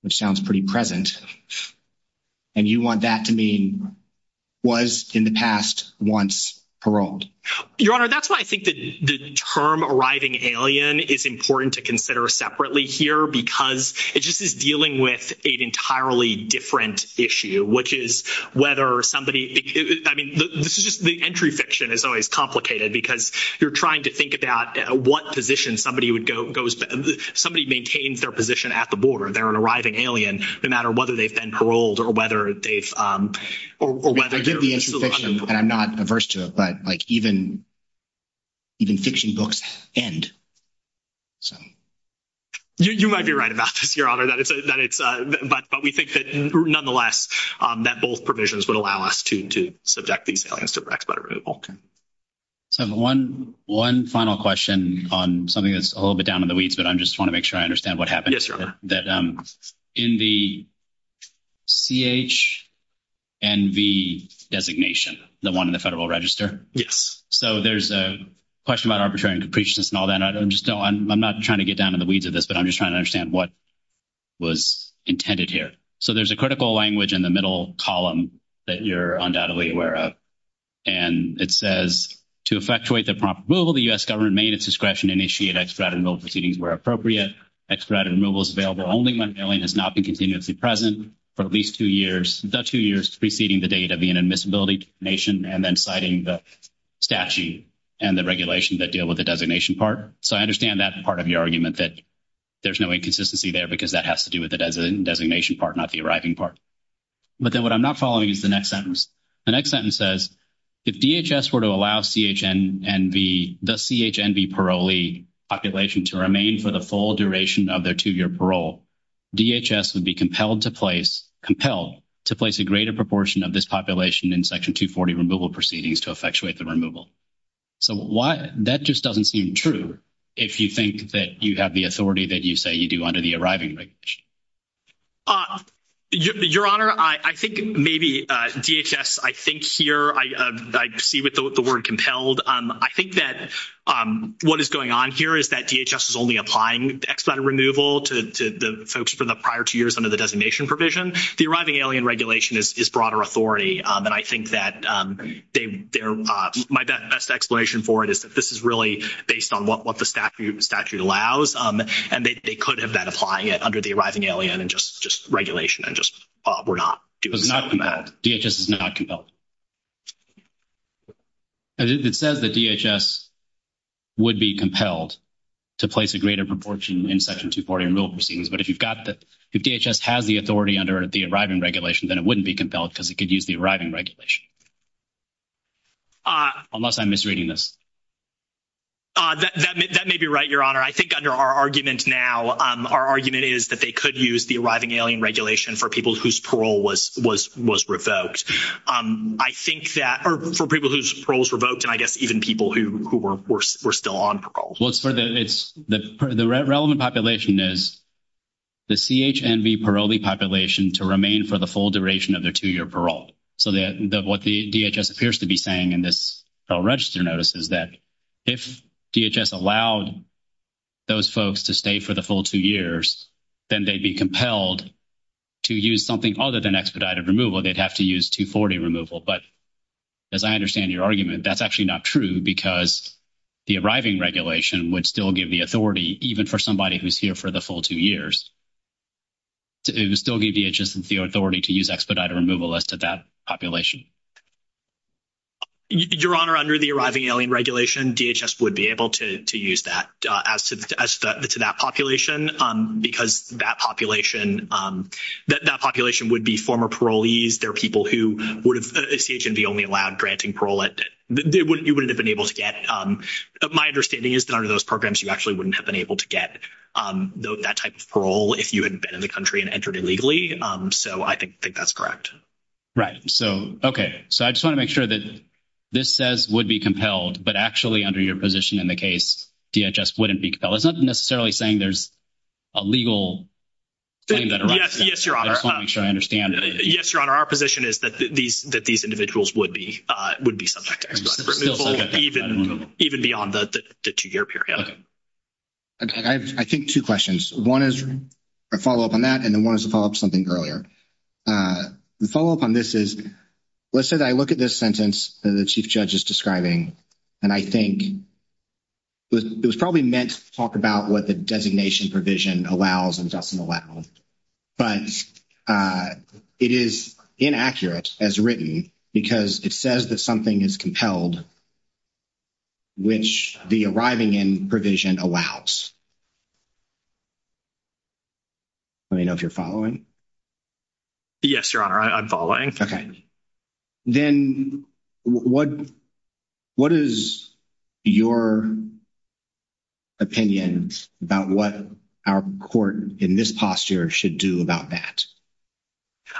which sounds pretty present. And you want that to mean was in the past once paroled. Your Honor, that's why I think the term arriving alien is important to consider separately here. Because it just is dealing with an entirely different issue, which is whether somebody, I mean, the entry fiction is always complicated. Because you're trying to think about what position somebody would go, somebody maintains their position at the border. They're an arriving alien, no matter whether they've been paroled or whether they've… I'm not averse to it, but like even fiction books end. You might be right about this, Your Honor. But we think that nonetheless, that both provisions would allow us to subject these aliens to respite removal. I have one final question on something that's a little bit down in the weeds, but I just want to make sure I understand what happened. In the CHNV designation, the one in the Federal Register. Yes. So there's a question about arbitrariness and capriciousness and all that. I'm not trying to get down in the weeds of this, but I'm just trying to understand what was intended here. So there's a critical language in the middle column that you're undoubtedly aware of. And it says, to effectuate the prompt removal, the U.S. government may, at its discretion, initiate expedited removal proceedings where appropriate. Expedited removal is available only when an alien has not been continuously present for at least two years. The two years preceding the date of the inadmissibility nation and then citing the statute and the regulations that deal with the designation part. So I understand that's part of your argument that there's no inconsistency there because that has to do with the designation part, not the arriving part. But then what I'm not following is the next sentence. The next sentence says, if DHS were to allow the CHNV parolee population to remain for the full duration of their two-year parole, DHS would be compelled to place a greater proportion of this population in Section 240 removal proceedings to effectuate the removal. So that just doesn't seem true if you think that you have the authority that you say you do under the arriving regulation. Your Honor, I think maybe DHS, I think here, I see with the word compelled. I think that what is going on here is that DHS is only applying expedited removal to the folks from the prior two years under the designation provision. The arriving alien regulation is broader authority. And I think that my best explanation for it is that this is really based on what the statute allows. And they could have been applying it under the arriving alien and just regulation and just were not. DHS is not compelled. It says that DHS would be compelled to place a greater proportion in Section 240 removal proceedings. But if you've got the – if DHS has the authority under the arriving regulation, then it wouldn't be compelled because it could use the arriving regulation. Unless I'm misreading this. That may be right, Your Honor. I think under our argument now, our argument is that they could use the arriving alien regulation for people whose parole was revoked. I think that – or for people whose parole was revoked and I guess even people who were still on parole. The relevant population is the CHNB parolee population to remain for the full duration of their two-year parole. So what DHS appears to be saying in this registered notice is that if DHS allowed those folks to stay for the full two years, then they'd be compelled to use something other than expedited removal. They'd have to use 240 removal. But as I understand your argument, that's actually not true because the arriving regulation would still give the authority, even for somebody who's here for the full two years. It would still give DHS the authority to use expedited removal as to that population. Your Honor, under the arriving alien regulation, DHS would be able to use that as to that population because that population – that population would be former parolees. They're people who would – the CHNB only allowed granting parole at – they wouldn't – you wouldn't have been able to get. My understanding is that under those programs, you actually wouldn't have been able to get that type of parole if you had been in the country and entered illegally. So I think that's correct. So, okay. So I just want to make sure that this says would be compelled, but actually under your position in the case, DHS wouldn't be compelled. It's not necessarily saying there's a legal claim that arises. Yes, Your Honor. I just want to make sure I understand. Yes, Your Honor. Our position is that these individuals would be subject to expedited removal even beyond the two-year period. I think two questions. One is a follow-up on that, and one is a follow-up to something earlier. The follow-up on this is, let's say that I look at this sentence that the Chief Judge is describing, and I think it was probably meant to talk about what the designation provision allows and doesn't allow. But it is inaccurate as written because it says that something is compelled, which the arriving in provision allows. Let me know if you're following. Yes, Your Honor. I'm following. Okay. Then what is your opinion about what our court in this posture should do about that?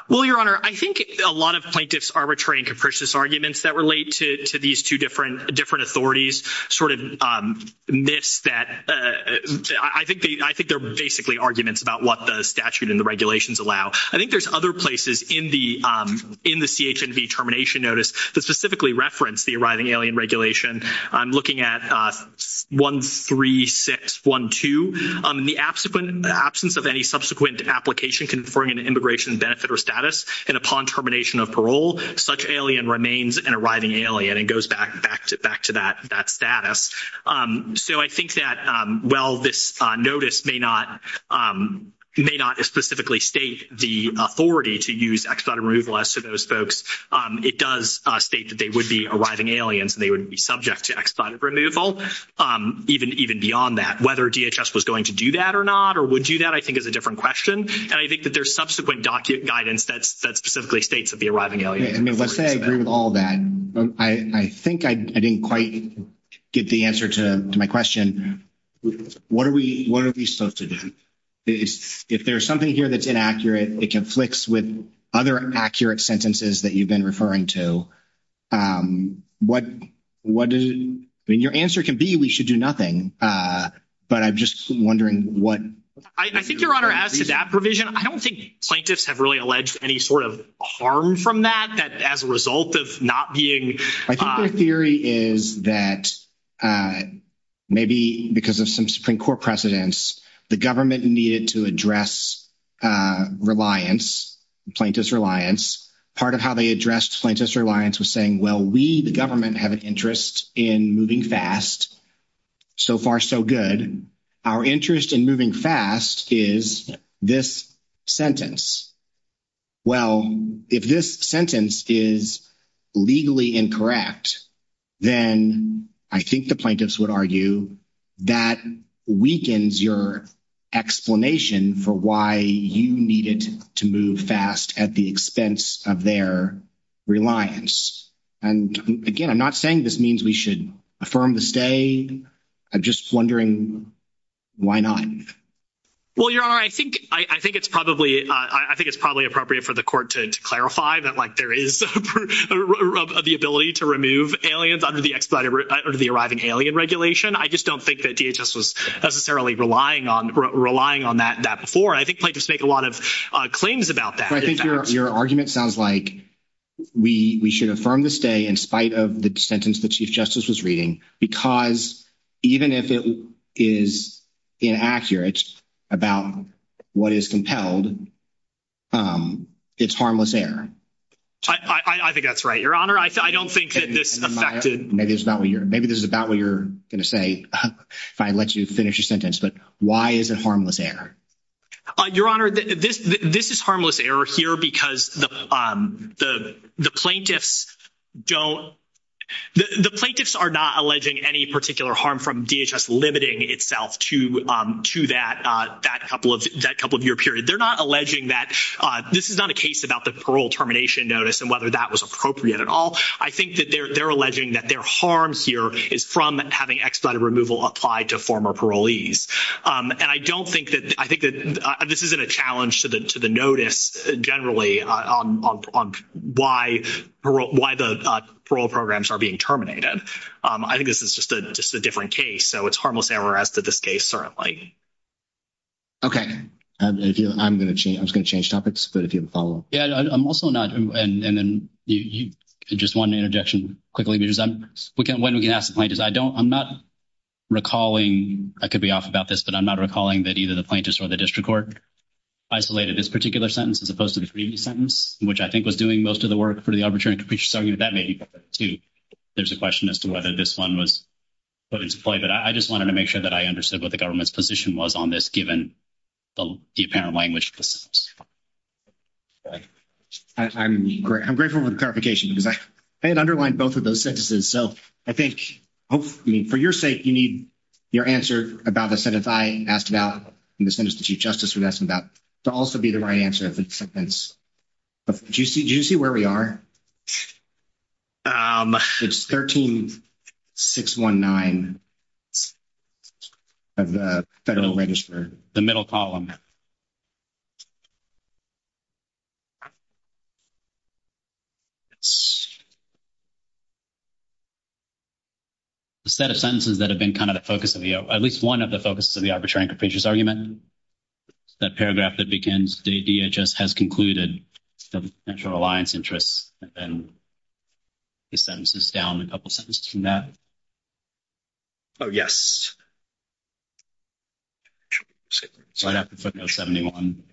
Well, Your Honor, I think it's a lot of plaintiff's arbitrary and capricious arguments that relate to these two different authorities, sort of myths that—I think they're basically arguments about what the statute and the regulations allow. I think there's other places in the CH&V termination notice that specifically reference the arriving alien regulation. I'm looking at 13612. In the absence of any subsequent application conferring an immigration benefit or status, and upon termination of parole, such alien remains an arriving alien and goes back to that status. So I think that while this notice may not specifically state the authority to use extant removal as to those folks, it does state that they would be arriving aliens and they would be subject to extant removal, even beyond that. Whether DHS was going to do that or not or would do that, I think, is a different question. And I think that there's subsequent guidance that specifically states that the arriving alien— Right. And if I say I agree with all that, I think I didn't quite get the answer to my question. What are we supposed to do? If there's something here that's inaccurate, it conflicts with other accurate sentences that you've been referring to, what do—I mean, your answer can be we should do nothing, but I'm just wondering what— I think Your Honor, as to that provision, I don't think plaintiffs have really alleged any sort of harm from that as a result of not being— I think the theory is that maybe because of some Supreme Court precedents, the government needed to address reliance, plaintiff's reliance. Part of how they addressed plaintiff's reliance was saying, well, we, the government, have an interest in moving fast. So far, so good. Our interest in moving fast is this sentence. Well, if this sentence is legally incorrect, then I think the plaintiffs would argue that weakens your explanation for why you needed to move fast at the expense of their reliance. And again, I'm not saying this means we should affirm the stay. I'm just wondering why not. Well, Your Honor, I think it's probably appropriate for the court to clarify that there is the ability to remove aliens under the Arriving Alien Regulation. I just don't think that DHS was necessarily relying on that before. I think plaintiffs make a lot of claims about that. I think your argument sounds like we should affirm the stay in spite of the sentence that Chief Justice was reading because even if it is inaccurate about what is compelled, it's harmless error. I think that's right, Your Honor. I don't think that this affected— Maybe this is about what you're going to say if I let you finish your sentence, but why is it harmless error? Your Honor, this is harmless error here because the plaintiffs go—the plaintiffs are not alleging any particular harm from DHS limiting itself to that couple of year period. They're not alleging that—this is not a case about the parole termination notice and whether that was appropriate at all. I think that they're alleging that their harm here is from having expedited removal applied to former parolees. And I don't think that—I think that this isn't a challenge to the notice generally on why the parole programs are being terminated. I think this is just a different case, so it's harmless error as to this case, certainly. Okay. I'm just going to change topics, but if you can follow up. Yeah, I'm also not—and then you just wanted an interjection quickly because I'm—when we ask the plaintiffs, I don't—I'm not recalling— I could be off about this, but I'm not recalling that either the plaintiffs or the district court isolated this particular sentence as opposed to the previous sentence, which I think was doing most of the work for the arbitration. So that may be part of it, too. There's a question as to whether this one was put into play, but I just wanted to make sure that I understood what the government's position was on this given the apparent language. I'm grateful for the clarification because I had underlined both of those sentences. So I think, hopefully, for your sake, you need your answer about the sentence I asked about and the sentence the Chief Justice asked about to also be the right answer of the sentence. Do you see where we are? It's 13-619 of the Federal Register. The middle column. The set of sentences that have been kind of the focus of the—at least one of the focuses of the arbitration capricious argument, that paragraph that begins, the DHS has concluded the Central Alliance interests, and then he sentences down a couple sentences from that. Oh, yes. Sorry, I have to click on 71.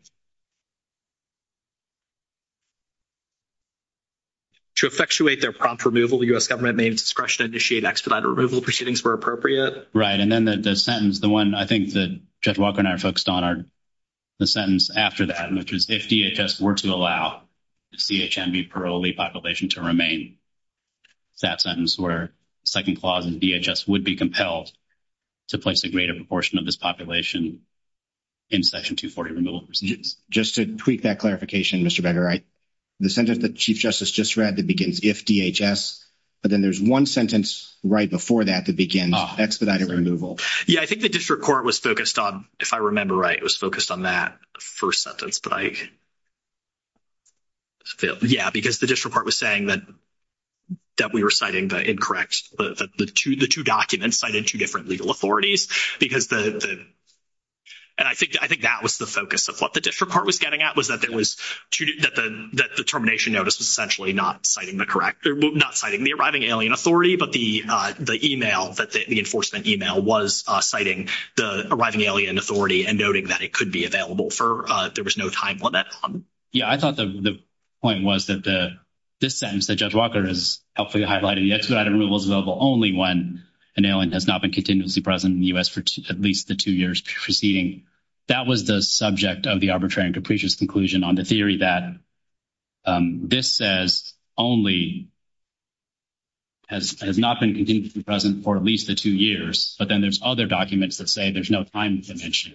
To effectuate their prompt removal, the U.S. government may in discretion initiate expedited removal proceedings where appropriate. Right, and then the sentence, the one I think that Judge Walker and I are focused on, the sentence after that, which is, if DHS were to allow the CHNB parolee population to remain, that sentence where the second clause of DHS would be compelled to place a greater proportion of this population in Section 240 removal proceedings. Just to tweak that clarification, Mr. Bender, the sentence that the Chief Justice just read that begins, if DHS, but then there's one sentence right before that that begins expedited removal. Yeah, I think the district court was focused on—if I remember right, it was focused on that first sentence. But I—yeah, because the district court was saying that we were citing the incorrect—the two documents cited two different legal authorities, because the—and I think that was the focus of what the district court was getting at, was that there was—that the termination notice was essentially not citing the correct—not citing the arriving alien authority, but the email, the enforcement email was citing the arriving alien authority and noting that it could be available for—if there was no time on that. Yeah, I thought the point was that the—this sentence that Judge Walker has helpfully highlighted, expedited removal is available only when an alien has not been continuously present in the U.S. for at least the two years preceding. That was the subject of the arbitrary and capricious conclusion on the theory that this says only has not been continuously present for at least the two years, but then there's other documents that say there's no time to mention.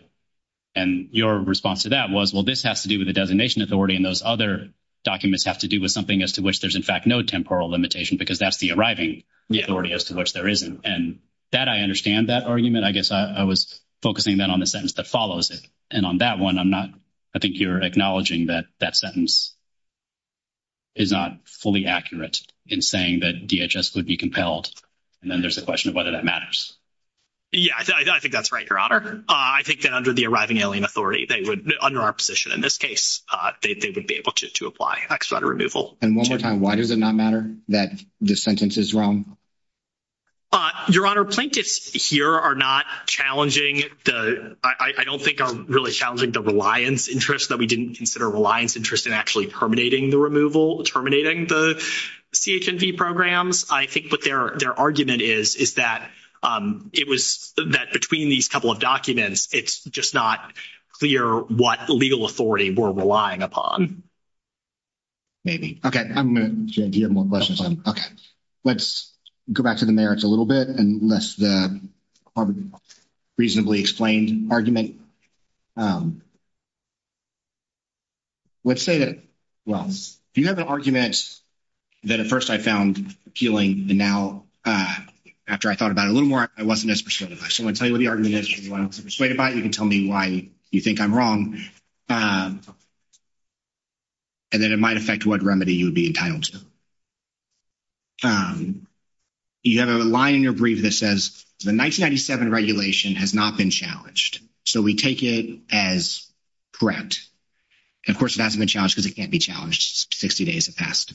And your response to that was, well, this has to do with the designation authority, and those other documents have to do with something as to which there's, in fact, no temporal limitation, because that's the arriving authority as to which there isn't. And that—I understand that argument. I guess I was focusing then on the sentence that follows it. And on that one, I'm not—I think you're acknowledging that that sentence is not fully accurate in saying that DHS would be compelled. And then there's the question of whether that matters. Yeah, I think that's right, Your Honor. I think that under the arriving alien authority, they would—under our position in this case, they would be able to apply expedited removal. And one more time, why does it not matter that this sentence is wrong? Your Honor, Plinkus here are not challenging the—I don't think are really challenging the reliance interest, that we didn't consider reliance interest in actually terminating the removal, terminating the CH&P programs. I think what their argument is is that it was—that between these couple of documents, it's just not clear what legal authority we're relying upon. Maybe. Okay. I'm going to—J.D., you have more questions? Okay. Let's go back to the merits a little bit and less the reasonably explained argument. Let's say that—well, do you have an argument that at first I found appealing, and now after I thought about it a little more, I wasn't as persuasive? I still want to tell you what the argument is. If you want to persuade about it, you can tell me why you think I'm wrong. And then it might affect what remedy you would be entitled to. You have a line in your brief that says, the 1997 regulation has not been challenged. So we take it as correct. And, of course, it hasn't been challenged because it can't be challenged 60 days in the past.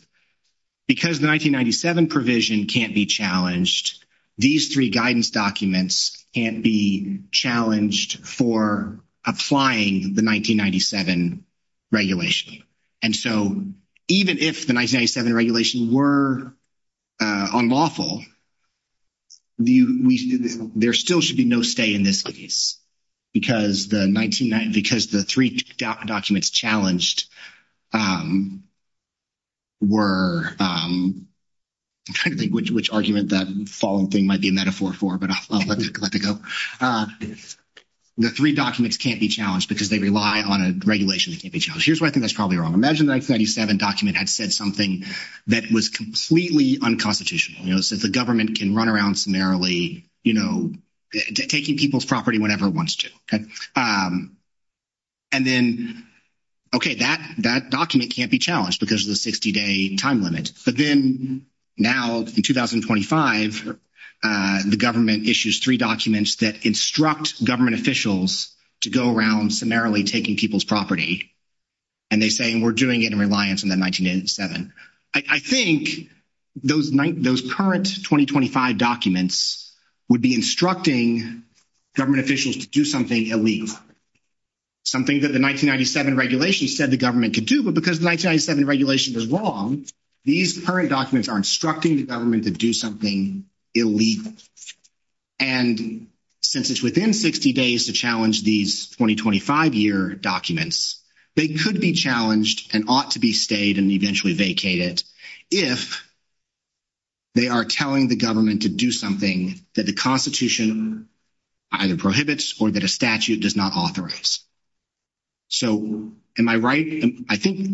Because the 1997 provision can't be challenged, these three guidance documents can't be challenged for applying the 1997 regulation. And so even if the 1997 regulations were unlawful, there still should be no stay in this case. Because the three documents challenged were—which argument the following thing might be a metaphor for, but I'll let it go. The three documents can't be challenged because they rely on a regulation to be challenged. Here's where I think that's probably wrong. Imagine the 1997 document had said something that was completely unconstitutional. You know, it says the government can run around summarily, you know, taking people's property whenever it wants to. And then, okay, that document can't be challenged because of the 60-day time limit. But then now, in 2025, the government issues three documents that instruct government officials to go around summarily taking people's property. And they say, we're doing it in reliance on the 1997. I think those current 2025 documents would be instructing government officials to do something illegal. Something that the 1997 regulation said the government could do. But because the 1997 regulation was wrong, these current documents are instructing the government to do something illegal. And since it's within 60 days to challenge these 2025-year documents, they could be challenged and ought to be stayed and eventually vacated if they are telling the government to do something that the Constitution either prohibits or that a statute does not authorize. So, am I right? I think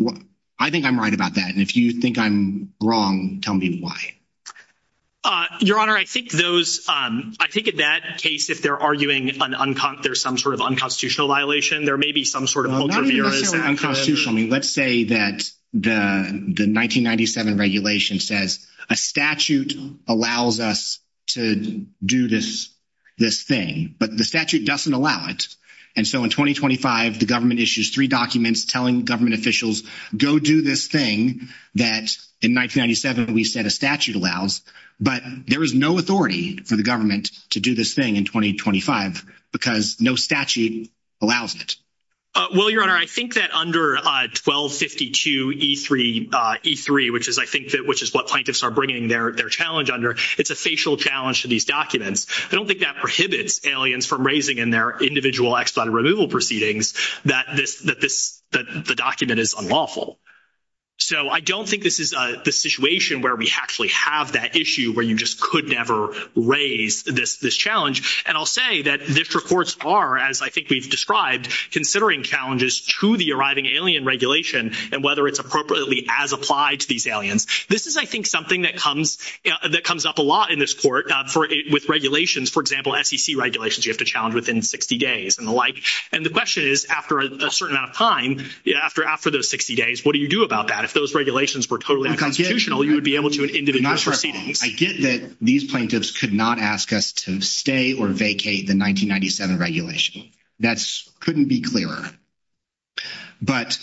I'm right about that. And if you think I'm wrong, tell me why. Your Honor, I think those, I think in that case, if they're arguing there's some sort of unconstitutional violation, there may be some sort of ulterior motive. Let's say that the 1997 regulation says a statute allows us to do this thing. But the statute doesn't allow it. And so in 2025, the government issues three documents telling government officials, go do this thing that in 1997 we said a statute allows. But there is no authority for the government to do this thing in 2025 because no statute allows it. Well, Your Honor, I think that under 1252E3, which is, I think, which is what plaintiffs are bringing their challenge under, it's a facial challenge to these documents. I don't think that prohibits aliens from raising in their individual expedited removal proceedings that the document is unlawful. So, I don't think this is the situation where we actually have that issue where you just could never raise this challenge. And I'll say that these reports are, as I think we've described, considering challenges to the arriving alien regulation and whether it's appropriately as applied to these aliens. This is, I think, something that comes up a lot in this court with regulations. For example, SEC regulations you have to challenge within 60 days and the like. And the question is, after a certain amount of time, after those 60 days, what do you do about that? If those regulations were totally unconstitutional, you would be able to do individual proceedings. I get that these plaintiffs could not ask us to stay or vacate the 1997 regulation. That couldn't be clearer. But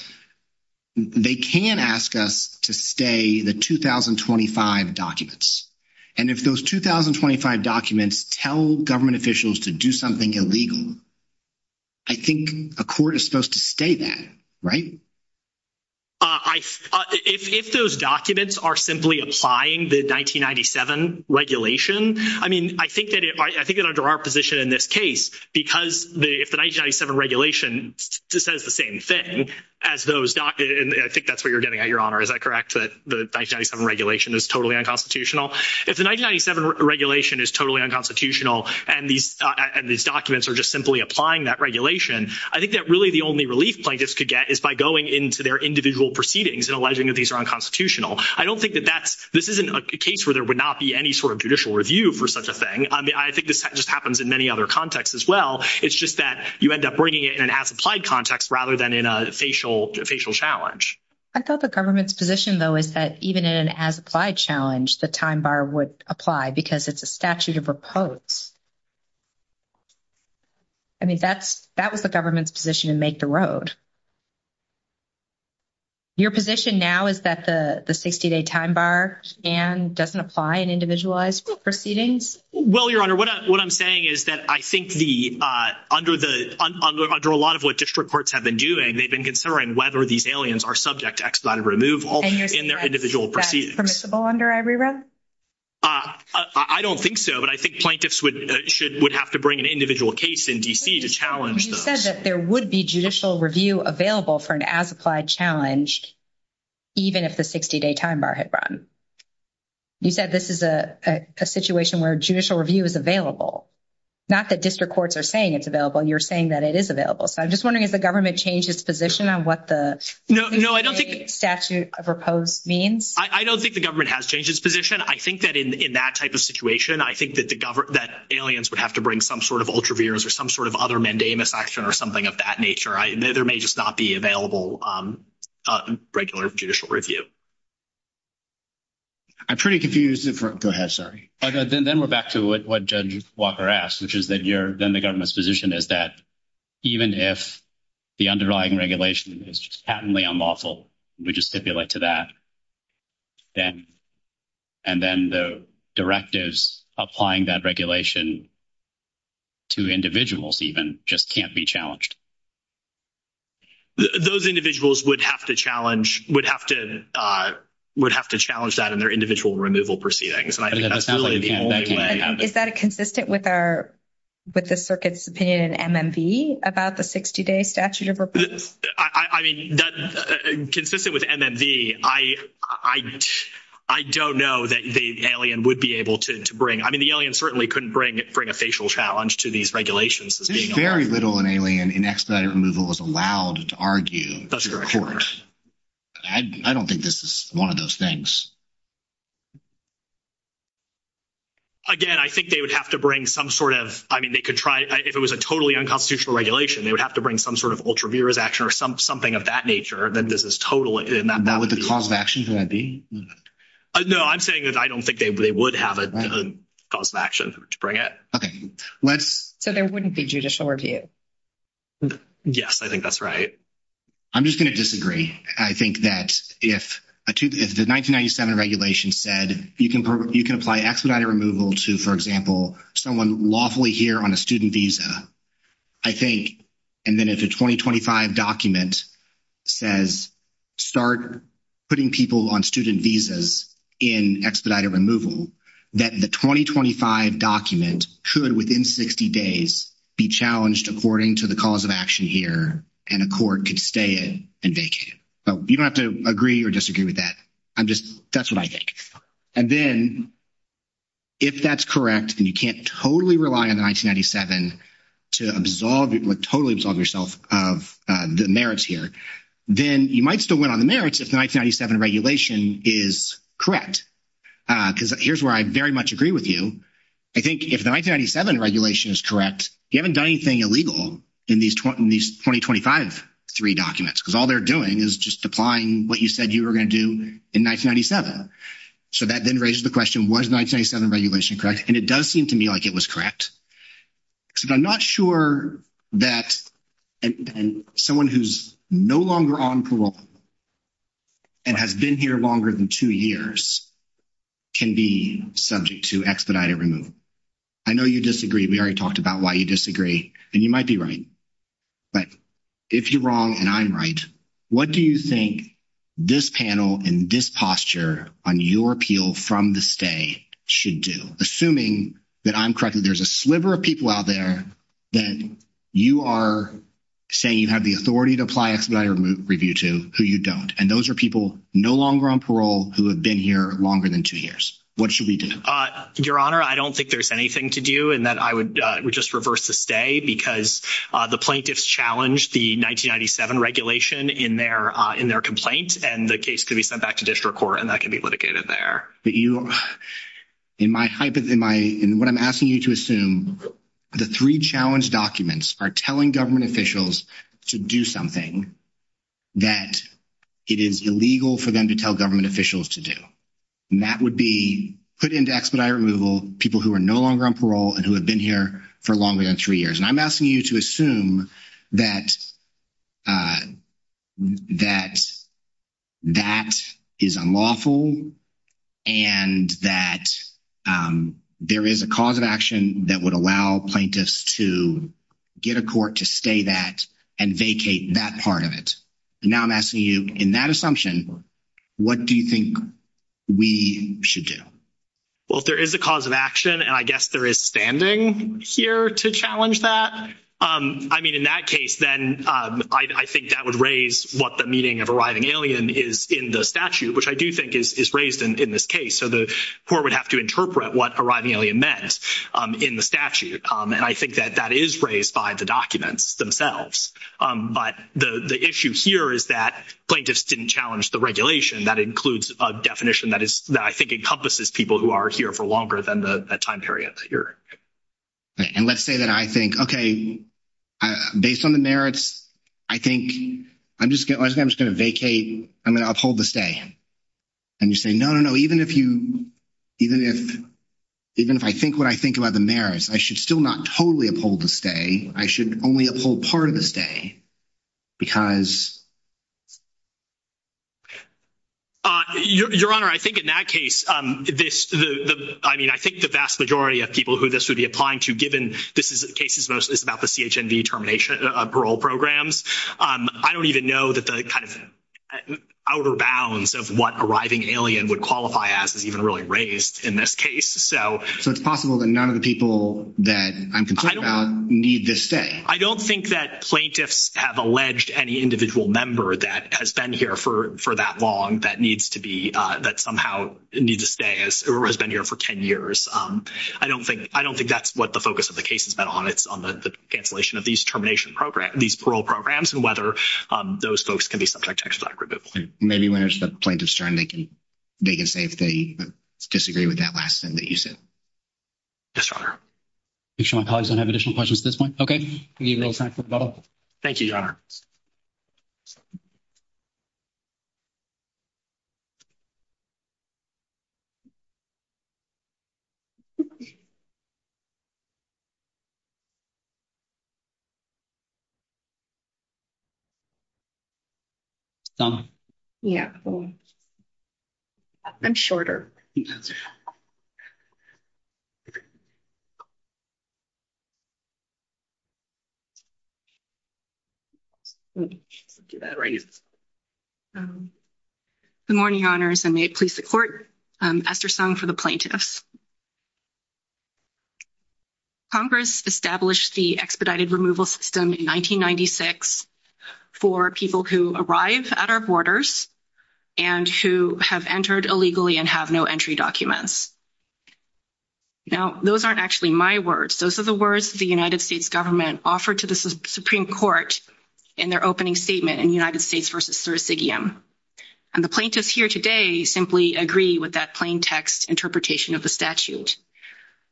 they can ask us to stay the 2025 documents. And if those 2025 documents tell government officials to do something illegal, I think a court is supposed to stay that, right? If those documents are simply applying the 1997 regulation, I mean, I think that under our position in this case, because if the 1997 regulation says the same thing as those documents, and I think that's what you're getting at, Your Honor. Is that correct, that the 1997 regulation is totally unconstitutional? If the 1997 regulation is totally unconstitutional and these documents are just simply applying that regulation, I think that really the only relief plaintiffs could get is by going into their individual proceedings and alleging that these are unconstitutional. I don't think that this isn't a case where there would not be any sort of judicial review for such a thing. I think this just happens in many other contexts as well. It's just that you end up bringing it in an as-applied context rather than in a facial challenge. I thought the government's position, though, is that even in an as-applied challenge, the time bar would apply because it's a statute of repose. I mean, that was the government's position to make the road. Your position now is that the 60-day time bar, Dan, doesn't apply in individualized proceedings? Well, Your Honor, what I'm saying is that I think under a lot of what district courts have been doing, they've been considering whether these aliens are subject to expedited removal in their individual proceedings. Is that permissible under every rule? I don't think so, but I think plaintiffs would have to bring an individual case in D.C. to challenge those. You said that there would be judicial review available for an as-applied challenge even if the 60-day time bar had run. You said this is a situation where judicial review is available. Not that district courts are saying it's available. You're saying that it is available. So I'm just wondering if the government changed its position on what the mandate of statute of repose means. I don't think the government has changed its position. I think that in that type of situation, I think that aliens would have to bring some sort of ultraviolence or some sort of other mandamus action or something of that nature. There may just not be available regular judicial review. I'm pretty confused. Go ahead. Sorry. Then we're back to what Judge Walker asked, which is then the government's position is that even if the underlying regulation is patently unlawful, we just stipulate to that. And then the directives applying that regulation to individuals even just can't be challenged. Those individuals would have to challenge that in their individual removal proceedings. And that's really the only way. Is that consistent with the circuit's opinion in MMV about the 60-day statute of repose? I mean, consistent with MMV, I don't know that the alien would be able to bring. I mean, the alien certainly couldn't bring a facial challenge to these regulations. Very little in alien in expedited removal was allowed to argue. That's correct. I don't think this is one of those things. Again, I think they would have to bring some sort of, I mean, they could try. If it was a totally unconstitutional regulation, they would have to bring some sort of ultraviolence action or something of that nature. And then this is totally not. And what would the cause of action going to be? No, I'm saying is I don't think they would have a cause of action to bring it. Okay. So there wouldn't be judicial review? Yes, I think that's right. I'm just going to disagree. I think that if the 1997 regulation said you can apply expedited removal to, for example, someone lawfully here on a student visa, I think, and then if a 2025 document says start putting people on student visas in expedited removal, that the 2025 document could, within 60 days, be challenged according to the cause of action here, and a court could stay in and vacate it. You don't have to agree or disagree with that. I'm just, that's what I think. And then if that's correct and you can't totally rely on 1997 to absolve, totally absolve yourself of the merits here, then you might still win on the merits if the 1997 regulation is correct. Because here's where I very much agree with you. I think if the 1997 regulation is correct, you haven't done anything illegal in these 2025-3 documents. Because all they're doing is just applying what you said you were going to do in 1997. So that then raises the question, was 1997 regulation correct? And it does seem to me like it was correct. Because I'm not sure that someone who's no longer on parole and has been here longer than two years can be subject to expedited removal. I know you disagree. We already talked about why you disagree. And you might be right. But if you're wrong and I'm right, what do you think this panel and this posture on your appeal from this day should do? Assuming that I'm correct and there's a sliver of people out there that you are saying you have the authority to apply expedited review to who you don't. And those are people no longer on parole who have been here longer than two years. What should we do? Your Honor, I don't think there's anything to do in that I would just reverse this day. Because the plaintiffs challenged the 1997 regulation in their complaint. And the case could be sent back to district court and that could be litigated there. But you, in my, what I'm asking you to assume, the three challenge documents are telling government officials to do something that it is illegal for them to tell government officials to do. And that would be put into expedited removal people who are no longer on parole and who have been here for longer than three years. And I'm asking you to assume that that is unlawful and that there is a cause of action that would allow plaintiffs to get a court to stay that and vacate that part of it. And now I'm asking you, in that assumption, what do you think we should do? Well, if there is a cause of action, and I guess there is standing here to challenge that, I mean, in that case, then I think that would raise what the meaning of arriving alien is in the statute, which I do think is raised in this case. So the court would have to interpret what arriving alien meant in the statute. And I think that that is raised by the documents themselves. But the issue here is that plaintiffs didn't challenge the regulation. That includes a definition that I think encompasses people who are here for longer than the time period here. And let's say that I think, okay, based on the merits, I think I'm just going to vacate, I'm going to uphold the stay. And you say, no, no, no, even if I think what I think about the merits, I should still not totally uphold the stay. I should only uphold part of the stay because. Your Honor, I think in that case, I mean, I think the vast majority of people who this would be applying to, given this case is mostly about the CHMD parole programs, I don't even know that the kind of outer bounds of what arriving alien would qualify as is even really raised in this case. So it's possible that none of the people that I'm concerned about need this stay. I don't think that plaintiffs have alleged any individual member that has been here for that long that needs to be, that somehow needs to stay or has been here for 10 years. I don't think, I don't think that's what the focus of the case is on. It's on the cancellation of these termination programs, these parole programs, and whether those folks can be subject to expedited removal. Maybe when it's the plaintiff's turn, they can say that they disagree with that last thing that you said. Yes, Your Honor. Make sure my colleagues don't have additional questions at this point. Okay. Thank you, Your Honor. Okay. Yeah. I'm shorter. Good morning, Your Honors, and may it please the Court. Esther Song for the plaintiffs. Congress established the expedited removal system in 1996 for people who arrive at our borders and who have entered illegally and have no entry documents. Now, those aren't actually my words. Those are the words the United States government offered to the Supreme Court in their opening statement in United States v. Syracuse. And the plaintiffs here today simply agree with that plain text interpretation of the statute.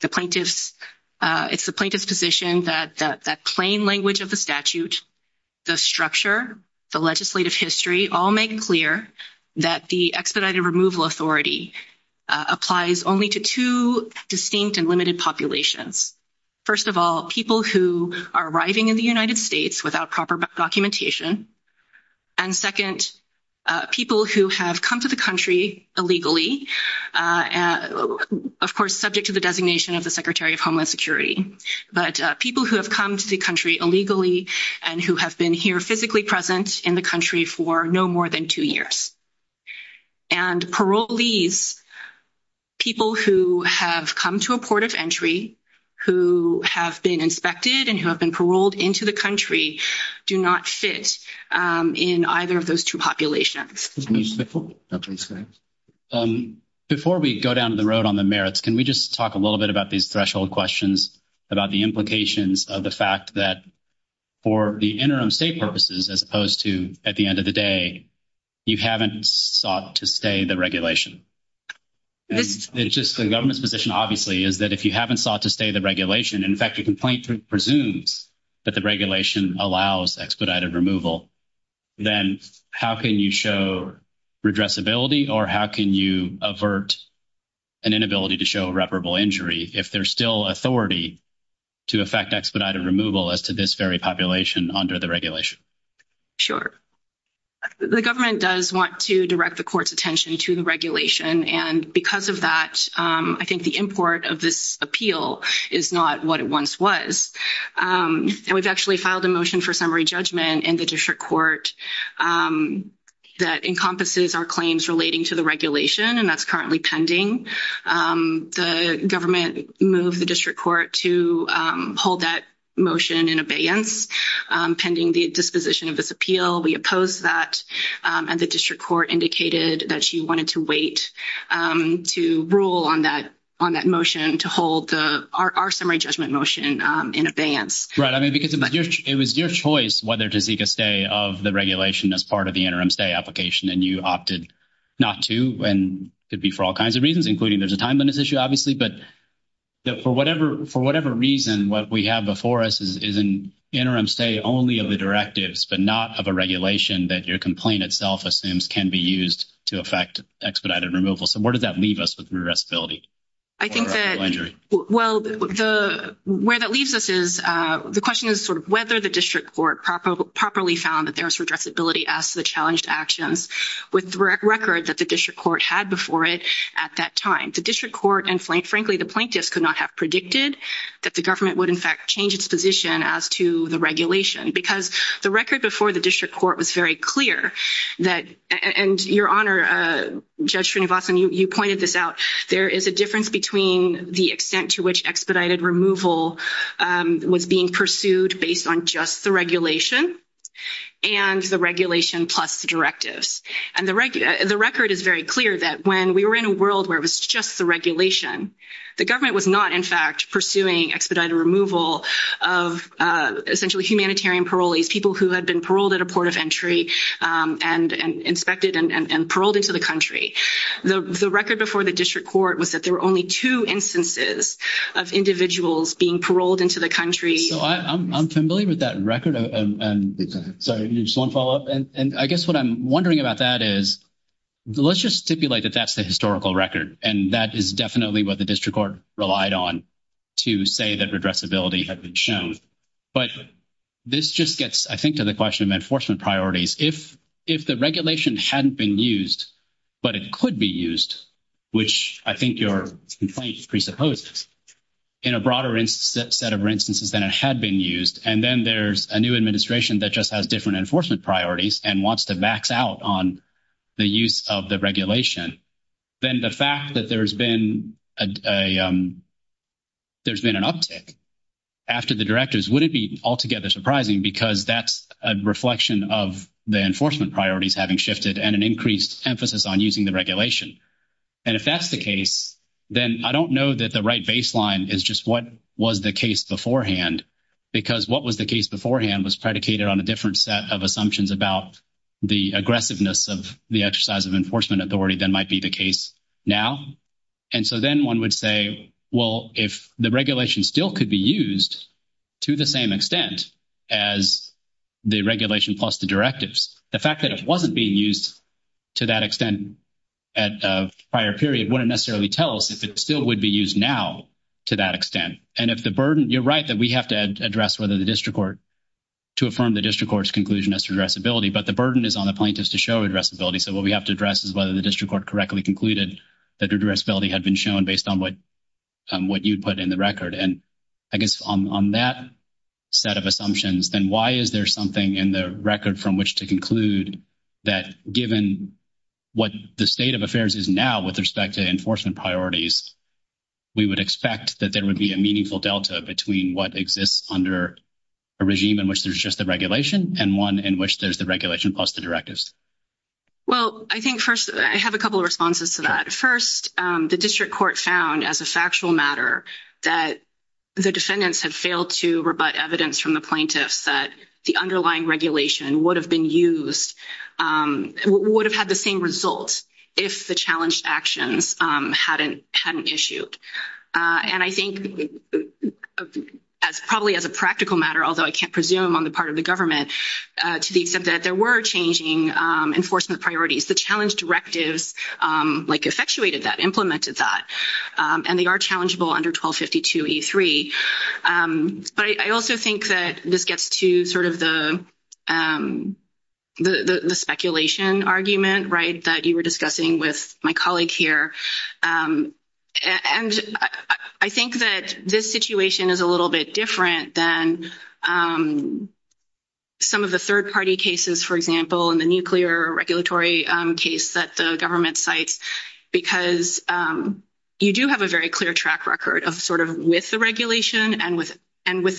It's the plaintiff's position that that plain language of the statute, the structure, the legislative history all make clear that the expedited removal authority applies only to two distinct and limited populations. First of all, people who are arriving in the United States without proper documentation. And second, people who have come to the country illegally, of course, subject to the designation of the Secretary of Homeland Security. But people who have come to the country illegally and who have been here physically present in the country for no more than two years. And parolees, people who have come to a port of entry, who have been inspected, and who have been paroled into the country, do not fit in either of those two populations. Before we go down the road on the merits, can we just talk a little bit about these threshold questions, about the implications of the fact that for the interim state purposes, as opposed to at the end of the day, you haven't sought to stay the regulation. It's just the government's position, obviously, is that if you haven't sought to stay the regulation, in fact, the complainant presumes that the regulation allows expedited removal, then how can you show redressability or how can you avert an inability to show irreparable injury if there's still authority to effect expedited removal as to this very population under the regulation? Sure. The government does want to direct the court's attention to the regulation, and because of that, I think the import of this appeal is not what it once was. It was actually filed a motion for summary judgment in the district court that encompasses our claims relating to the regulation, and that's currently pending. The government moved the district court to hold that motion in abeyance pending the disposition of this appeal. We opposed that, and the district court indicated that she wanted to wait to rule on that motion to hold our summary judgment motion in abeyance. Right. I mean, because it was your choice whether to seek a stay of the regulation as part of the interim stay application, and you opted not to, and it could be for all kinds of reasons, including there's a time limit issue, obviously. But for whatever reason, what we have before us is an interim stay only of the directives but not of a regulation that your complaint itself assumes can be used to effect expedited removal. So where does that leave us with redressability or irreparable injury? Well, where that leaves us is the question is sort of whether the district court properly found that there was redressability as to the challenged actions with the record that the district court had before it at that time. The district court and, frankly, the plaintiffs could not have predicted that the government would, in fact, change its position as to the regulation because the record before the district court was very clear that— And, Your Honor, Judge Srinivasan, you pointed this out. There is a difference between the extent to which expedited removal was being pursued based on just the regulation and the regulation plus the directives. And the record is very clear that when we were in a world where it was just the regulation, the government was not, in fact, pursuing expedited removal of essentially humanitarian parolees, people who had been paroled at a port of entry and inspected and paroled into the country. The record before the district court was that there were only two instances of individuals being paroled into the country. I'm familiar with that record. Sorry, just one follow-up. And I guess what I'm wondering about that is let's just stipulate that that's a historical record, and that is definitely what the district court relied on to say that redressability had been shown. But this just gets, I think, to the question of enforcement priorities. If the regulation hadn't been used, but it could be used, which I think your complaint presupposes, in a broader set of instances than it had been used, and then there's a new administration that just has different enforcement priorities and wants to max out on the use of the regulation, then the fact that there's been an uptick after the directives, would it be altogether surprising? Because that's a reflection of the enforcement priorities having shifted and an increased emphasis on using the regulation. And if that's the case, then I don't know that the right baseline is just what was the case beforehand, because what was the case beforehand was predicated on a different set of assumptions about the aggressiveness of the exercise of enforcement authority than might be the case now. And so then one would say, well, if the regulation still could be used to the same extent as the regulation plus the directives, the fact that it wasn't being used to that extent at a prior period wouldn't necessarily tell us if it still would be used now to that extent. Right. And if the burden – you're right that we have to address whether the district court – to affirm the district court's conclusion as to addressability, but the burden is on the plaintiffs to show addressability, so what we have to address is whether the district court correctly concluded that the addressability had been shown based on what you put in the record. And I guess on that set of assumptions, then why is there something in the record from which to conclude that given what the state of affairs is now with respect to enforcement priorities, we would expect that there would be a meaningful delta between what exists under a regime in which there's just a regulation and one in which there's the regulation plus the directives? Well, I think first – I have a couple of responses to that. First, the district court found as a factual matter that the defendants had failed to rebut evidence from the plaintiffs that the underlying regulation would have been used – would have had the same result if the challenged actions hadn't issued. And I think probably as a practical matter, although I can't presume on the part of the government, to the extent that there were changing enforcement priorities, the challenge directives, like, effectuated that, implemented that, and they are challengeable under 1252E3. But I also think that this gets to sort of the speculation argument, right, that you were discussing with my colleague here. And I think that this situation is a little bit different than some of the third-party cases, for example, and the nuclear regulatory case that the government cites, because you do have a very clear track record of sort of with the regulation and with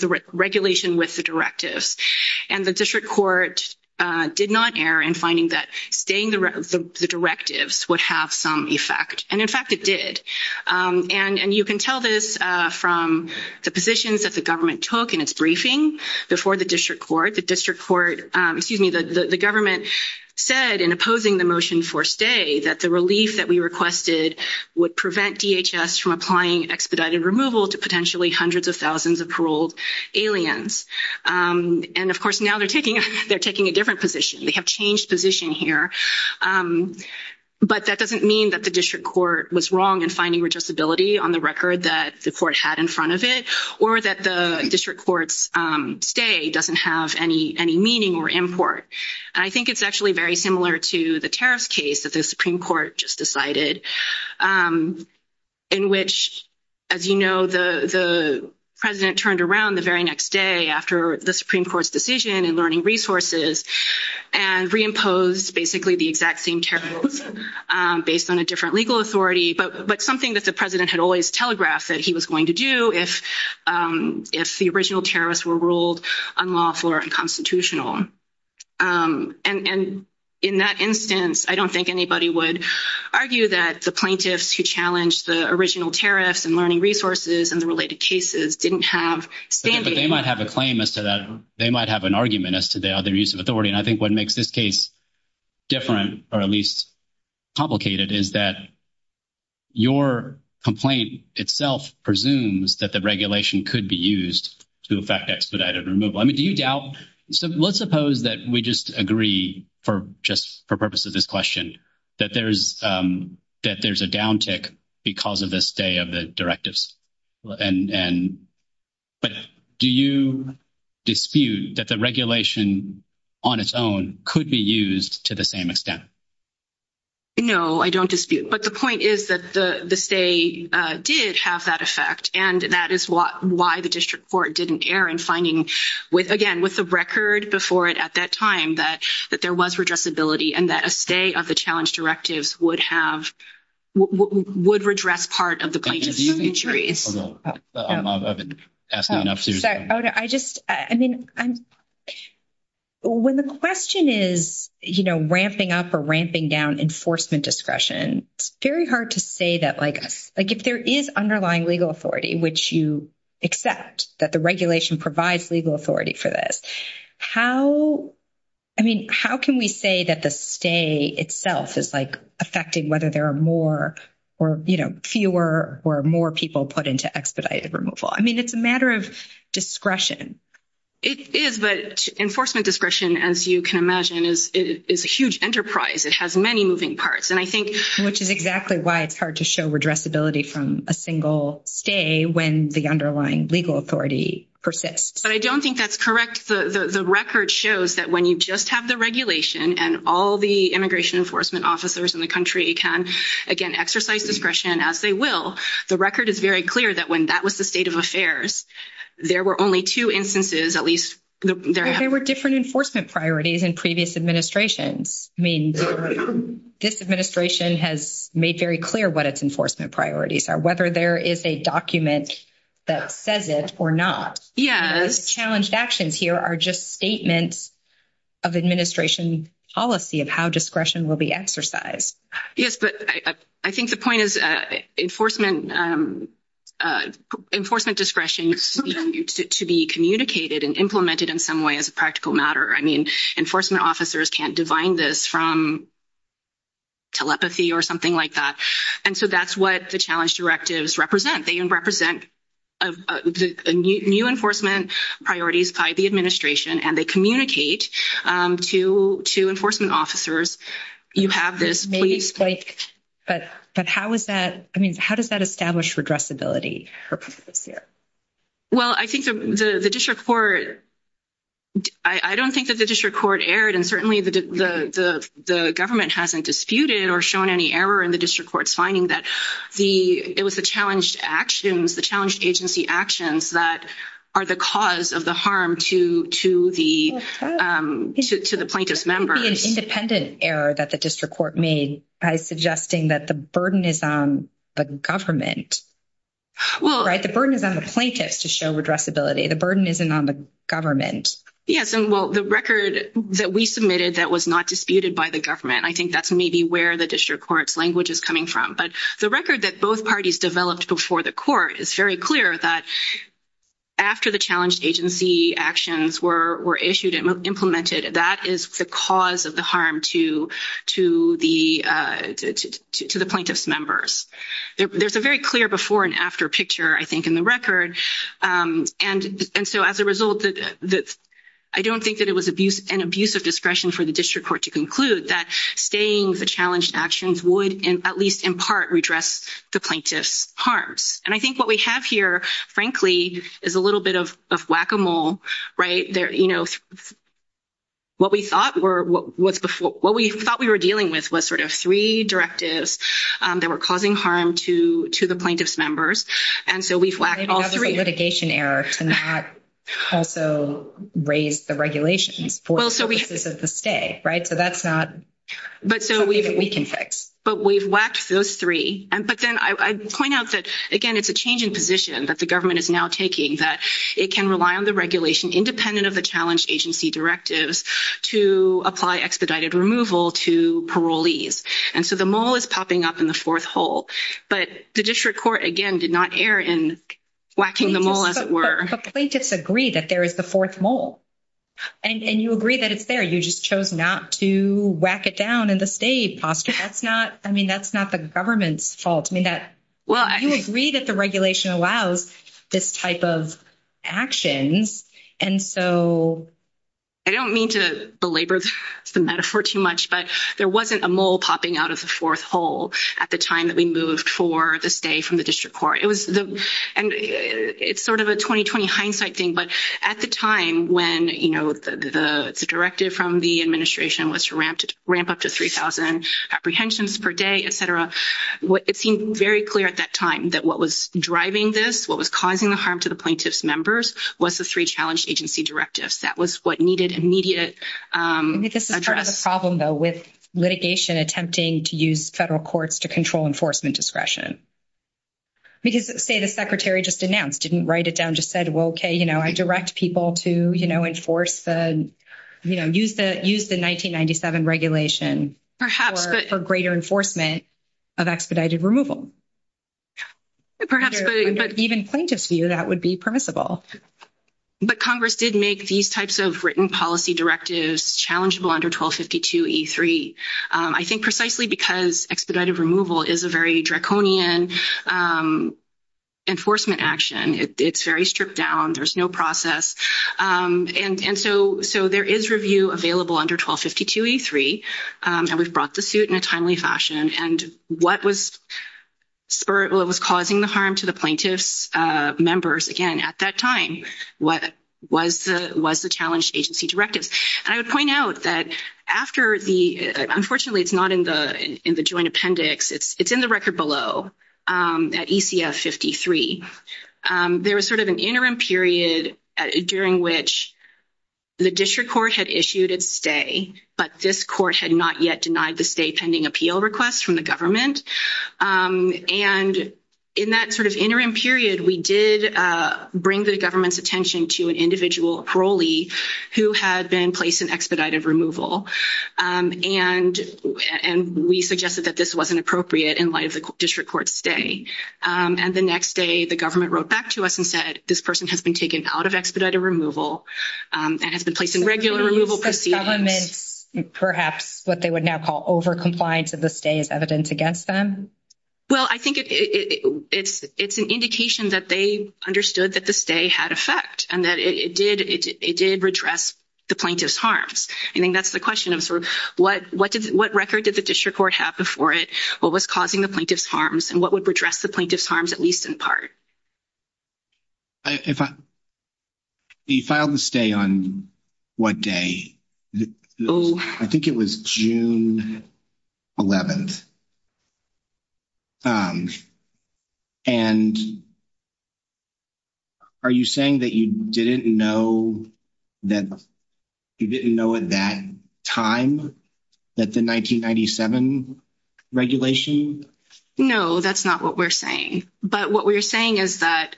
the regulation with the directives. And the district court did not err in finding that staying the directives would have some effect. And, in fact, it did. And you can tell this from the positions that the government took in its briefing before the district court. The district court—excuse me, the government said in opposing the motion for stay that the relief that we requested would prevent DHS from applying expedited removal to potentially hundreds of thousands of paroled aliens. And, of course, now they're taking a different position. They have changed position here. But that doesn't mean that the district court was wrong in finding legitimacy on the record that the court had in front of it or that the district court's stay doesn't have any meaning or import. And I think it's actually very similar to the terrorist case that the Supreme Court just decided in which, as you know, the president turned around the very next day after the Supreme Court's decision in learning resources and reimposed basically the exact same terrorism based on a different legal authority, but something that the president had always telegraphed that he was going to do if the original terrorists were ruled unlawful or unconstitutional. And in that instance, I don't think anybody would argue that the plaintiffs who challenged the original terrorists and learning resources and the related cases didn't have standing. But they might have a claim as to that. They might have an argument as to their use of authority. And I think what makes this case different or at least complicated is that your complaint itself presumes that the regulation could be used to effect expedited removal. So let's suppose that we just agree, just for purposes of this question, that there's a downtick because of the stay of the directives. But do you dispute that the regulation on its own could be used to the same extent? No, I don't dispute. But the point is that the stay did have that effect. And that is why the district court didn't err in finding with, again, with the record before it at that time, that there was redressability and that a stay of the challenge directive would have, would redress part of the plaintiffs' injuries. I just, I mean, when the question is, you know, ramping up or ramping down enforcement discretion, it's very hard to say that, like, like, if there is underlying legal authority, which you accept that the regulation provides legal authority for this. How, I mean, how can we say that the stay itself is, like, affecting whether there are more or, you know, fewer or more people put into expedited removal? I mean, it's a matter of discretion. It is, but enforcement discretion, as you can imagine, is a huge enterprise. It has many moving parts. And I think. Which is exactly why it's hard to show redressability from a single stay when the underlying legal authority persists. But I don't think that's correct. The record shows that when you just have the regulation and all the immigration enforcement officers in the country can, again, exercise discretion, as they will, the record is very clear that when that was the state of affairs, there were only two instances, at least. There were different enforcement priorities in previous administrations. I mean, this administration has made very clear what its enforcement priorities are, whether there is a document that says it or not. Yeah, challenged actions here are just statements of administration policy of how discretion will be exercised. Yes, but I think the point is enforcement. Enforcement discretion to be communicated and implemented in some way as a practical matter. I mean, enforcement officers can't define this from. Telepathy or something like that, and so that's what the challenge directives represent. They can represent. Of the new enforcement priorities by the administration, and they communicate to to enforcement officers. You have this, but how is that? I mean, how does that establish for address ability? Well, I think the district court. I don't think that the district court aired and certainly the, the, the government hasn't disputed or shown any error in the district court finding that the, it was a challenged actions. The challenge agency actions that are the cause of the harm to to the, to the plaintiff's member independent error that the district court made by suggesting that the burden is on the government. Well, the burden is on the plaintiff to show address ability. The burden isn't on the government. Yes, and well, the record that we submitted that was not disputed by the government. I think that's maybe where the district court language is coming from. But the record that both parties developed before the court is very clear that. After the challenge agency actions were issued and implemented, that is the cause of the harm to to the, to the plaintiff's members. There's a very clear before and after picture, I think, in the record. And so, as a result, I don't think that it was abuse and abuse of discretion for the district court to conclude that staying the challenged actions would at least in part redress the plaintiff's harm. And I think what we have here, frankly, is a little bit of whack a mole right there. What we thought we were dealing with was sort of 3 directives that were causing harm to to the plaintiff's members. And so we flagged all 3. And that was a litigation error. And that also raised the regulations for the stay, right? So that's not something that we can fix. But we've watched those 3. But then I point out that, again, it's a change in position that the government is now taking that it can rely on the regulation independent of the challenge agency directives to apply expedited removal to parolees. And so the mole is popping up in the 4th hole, but the district court, again, did not err in whacking the mole as it were. The plaintiffs agree that there is the 4th mole. And you agree that it's there. You just chose not to whack it down in the stay. I mean, that's not the government's fault. I mean, you agree that the regulation allows this type of action. And so I don't mean to belabor the metaphor too much, but there wasn't a mole popping out of the 4th hole at the time that we moved for the stay from the district court. And it's sort of a 20-20 hindsight thing, but at the time when, you know, the directive from the administration was to ramp up to 3,000 apprehensions per day, et cetera, it seemed very clear at that time that what was driving this, what was causing the harm to the plaintiffs' members, was the 3 challenge agency directives. That was what needed immediate effort. I mean, this is sort of a problem, though, with litigation attempting to use federal courts to control enforcement discretion. Because say the secretary just announced, didn't write it down, just said, well, okay, you know, I direct people to, you know, enforce the, you know, use the 1997 regulation for greater enforcement of expedited removal. But even plaintiffs view that would be permissible. But Congress did make these types of written policy directives challengeable under 1252E3. I think precisely because expedited removal is a very draconian enforcement action. It's very stripped down. There's no process. And so there is review available under 1252E3, and we've brought the suit in a timely fashion. And what was causing the harm to the plaintiffs' members, again, at that time, was the challenge agency directive. And I would point out that after the—unfortunately, it's not in the joint appendix. It's in the record below at ECF 53. There was sort of an interim period during which the district court had issued its stay, but this court had not yet denied the stay pending appeal request from the government. And in that sort of interim period, we did bring the government's attention to an individual parolee who had been placed in expedited removal. And we suggested that this wasn't appropriate in light of the district court stay. And the next day, the government wrote back to us and said, this person has been taken out of expedited removal and has been placed in regular removal proceedings. Perhaps what they would now call over-compliance of the stay is evident against them? Well, I think it's an indication that they understood that the stay had effect and that it did redress the plaintiffs' harms. I mean, that's the question of sort of what record did the district court have before it? What was causing the plaintiffs' harms and what would redress the plaintiffs' harms, at least in part? If I—if you filed the stay on what day? I think it was June 11th. And are you saying that you didn't know that—you didn't know at that time that the 1997 regulation— No, that's not what we're saying. But what we're saying is that,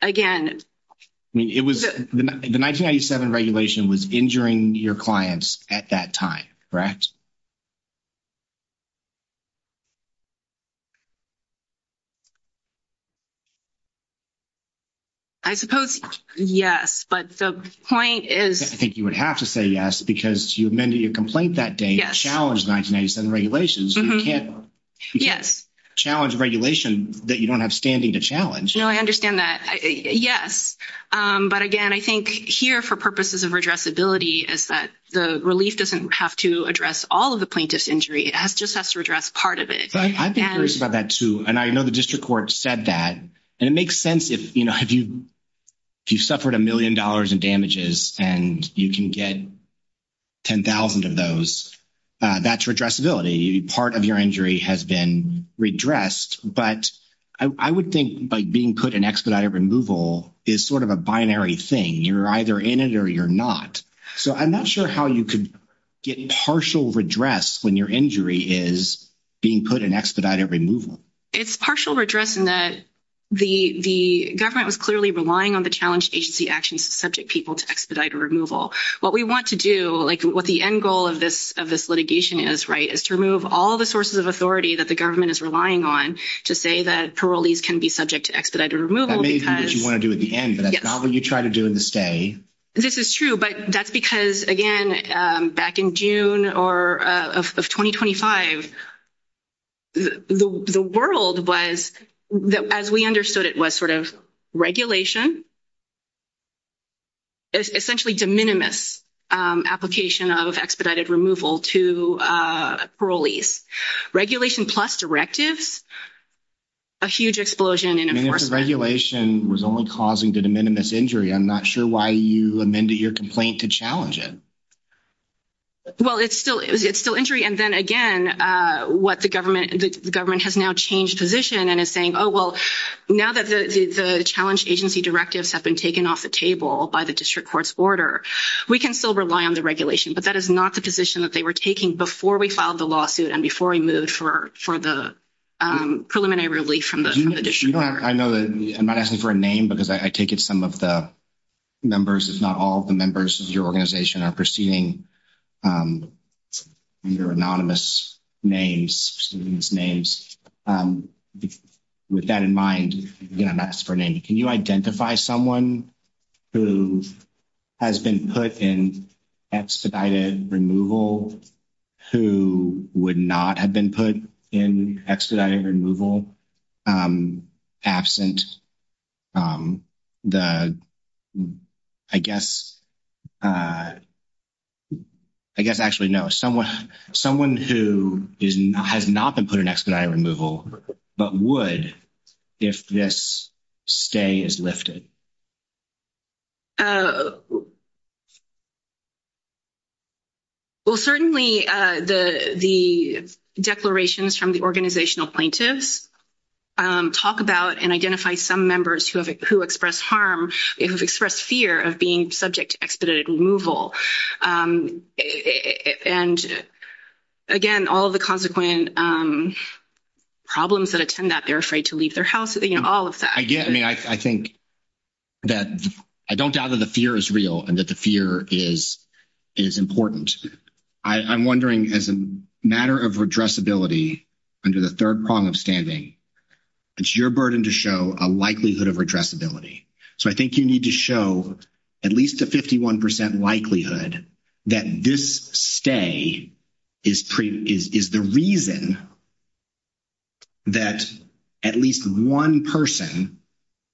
again— It was—the 1997 regulation was injuring your clients at that time, correct? I suppose—yes. But the point is— I think you would have to say yes because you amended your complaint that day to challenge the 1987 regulations. You can't— Yes. Challenge a regulation that you don't have standing to challenge. No, I understand that. Yes. But, again, I think here, for purposes of redressability, is that the relief doesn't have to address all of the plaintiffs' injury. It just has to redress part of it. I think you said that, too. And I know the district court said that. And it makes sense if, you know, if you've suffered a million dollars in damages and you can get 10,000 of those, that's redressability. Part of your injury has been redressed. But I would think, like, being put in expedited removal is sort of a binary thing. You're either in it or you're not. So I'm not sure how you could get partial redress when your injury is being put in expedited removal. It's partial redress in that the government was clearly relying on the challenge agency actions to subject people to expedited removal. What we want to do, like what the end goal of this litigation is, right, is to remove all the sources of authority that the government is relying on to say that parolees can be subject to expedited removal because— That may be what you want to do at the end, but that's not what you try to do in this day. This is true, but that's because, again, back in June of 2025, the world was, as we understood it, was sort of regulation, essentially de minimis application of expedited removal to parolees. Regulation plus directives, a huge explosion in— I mean, if the regulation was only causing de minimis injury, I'm not sure why you amended your complaint to challenge it. Well, it's still injury, and then again, what the government—the government has now changed position and is saying, oh, well, now that the challenge agency directives have been taken off the table by the district court's order, we can still rely on the regulation. But that is not the position that they were taking before we filed the lawsuit and before we moved for the preliminary relief from the district court. In addition to that, I know that—I'm not asking for a name because I take it some of the members, if not all of the members of your organization are proceeding under anonymous names, with that in mind, I'm asking for a name. Can you identify someone who has been put in expedited removal who would not have been put in expedited removal absent the, I guess—I guess, actually, no. Someone who has not been put in expedited removal but would if this stay is lifted. Well, certainly the declarations from the organizational plaintiffs talk about and identify some members who have—who express harm, who have expressed fear of being subject to expedited removal. And again, all of the consequent problems that attend that, they're afraid to leave their house, you know, all of that. Again, I mean, I think that—I don't doubt that the fear is real and that the fear is important. I'm wondering, as a matter of redressability, under the third prong of standing, it's your burden to show a likelihood of redressability. So I think you need to show at least a 51 percent likelihood that this stay is the reason that at least one person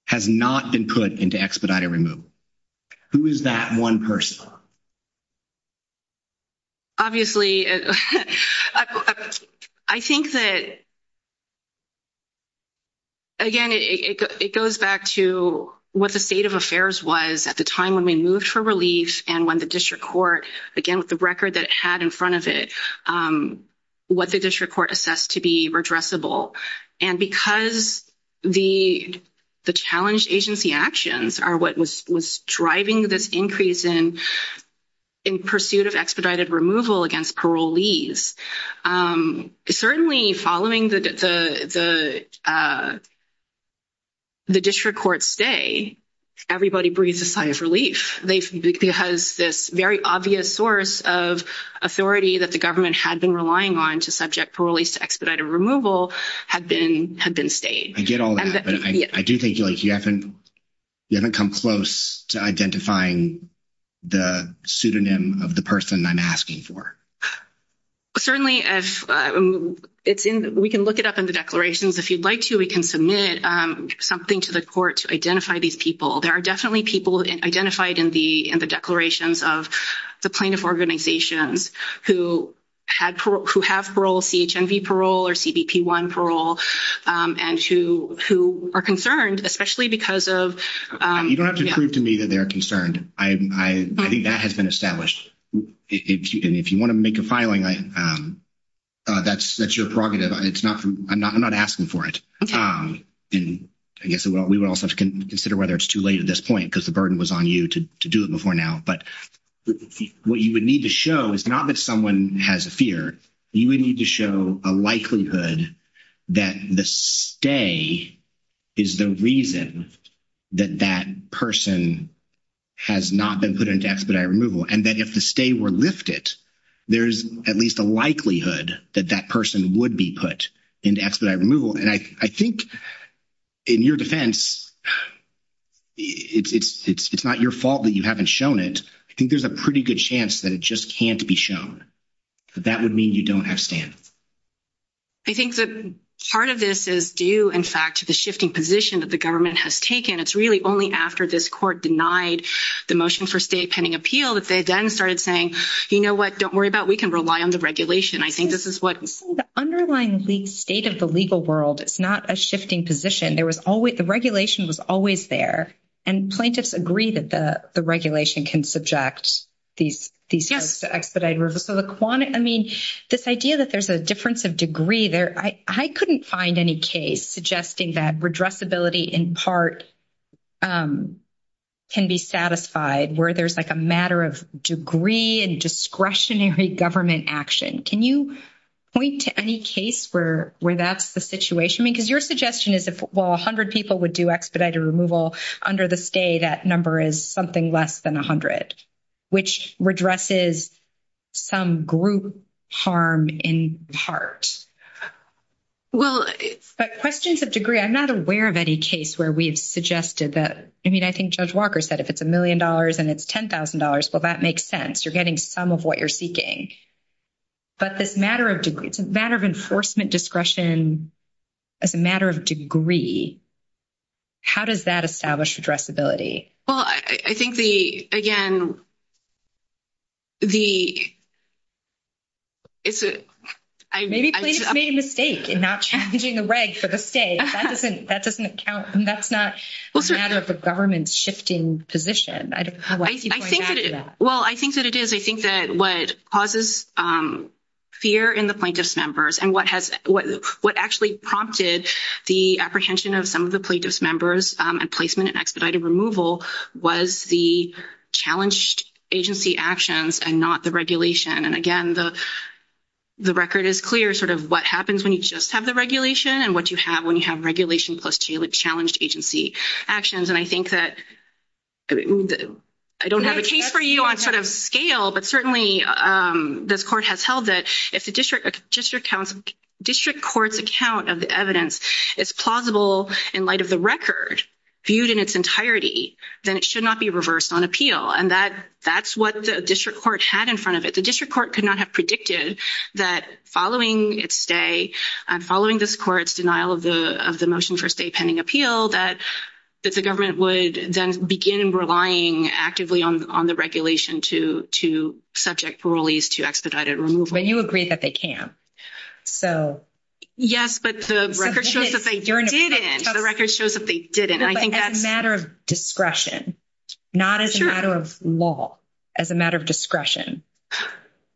has not been put into expedited removal. Who is that one person? Obviously, I think that, again, it goes back to what the state of affairs was at the time when we moved for relief and when the district court, again, with the record that it had in front of it, what the district court assessed to be redressable. And because the challenge agency actions are what was driving this increase in pursuit of expedited removal against parolees, certainly following the district court stay, everybody breathes a sigh of relief. Because this very obvious source of authority that the government had been relying on to subject parolees to expedited removal had been stayed. I get all that, but I do think, like, you haven't come close to identifying the pseudonym of the person I'm asking for. Certainly, we can look it up in the declarations. If you'd like to, we can submit something to the court to identify these people. There are definitely people identified in the declarations of the plaintiff organizations who have parole, CHNV parole, or CBP1 parole, and who are concerned, especially because of- You don't have to prove to me that they're concerned. I think that has been established. If you want to make a filing, that's your prerogative. I'm not asking for it. I guess we would also consider whether it's too late at this point because the burden was on you to do it before now. But what you would need to show is not that someone has a fear. You would need to show a likelihood that the stay is the reason that that person has not been put into expedited removal. And that if the stay were lifted, there's at least a likelihood that that person would be put into expedited removal. And I think in your defense, it's not your fault that you haven't shown it. I think there's a pretty good chance that it just can't be shown. That would mean you don't have stance. I think that part of this is due, in fact, to the shifting position that the government has taken. It's really only after this court denied the motion for stay attending appeal that they then started saying, you know what, don't worry about it. We can rely on the regulation. I think this is what- The underlying state of the legal world is not a shifting position. The regulation was always there. And plaintiffs agree that the regulation can subject these folks to expedited removal. I mean, this idea that there's a difference of degree there, I couldn't find any case suggesting that redressability in part can be satisfied, where there's like a matter of degree and discretionary government action. Can you point to any case where that's the situation? Because your suggestion is if, well, 100 people would do expedited removal under the stay, that number is something less than 100, which redresses some group harm in part. Well, but questions of degree, I'm not aware of any case where we've suggested that. I mean, I think Judge Walker said if it's $1 million and it's $10,000, well, that makes sense. You're getting some of what you're seeking. But it's a matter of enforcement, discretion, it's a matter of degree. How does that establish redressability? Well, I think the, again, the- Maybe plaintiffs made a mistake in not changing the reg for the stay. That doesn't count. That's not a matter of the government shifting position. I don't know why people are mad at that. Well, I think that it is. I think that what causes fear in the plaintiffs' members and what actually prompted the apprehension of some of the plaintiffs' members and placement and expedited removal was the challenged agency actions and not the regulation. And, again, the record is clear sort of what happens when you just have the regulation and what you have when you have regulation plus two with challenged agency actions. And I think that I don't have a case for you on sort of scale, but certainly this court has held that if the district court's account of the evidence is plausible in light of the record viewed in its entirety, then it should not be reversed on appeal. And that's what the district court had in front of it. The district court could not have predicted that following its stay, following this court's denial of the motion for stay pending appeal, that the government would then begin relying actively on the regulation to subject parolees to expedited removal. But you agree that they can't. Yes, but the record shows that they didn't. The record shows that they didn't. As a matter of discretion, not as a matter of law, as a matter of discretion.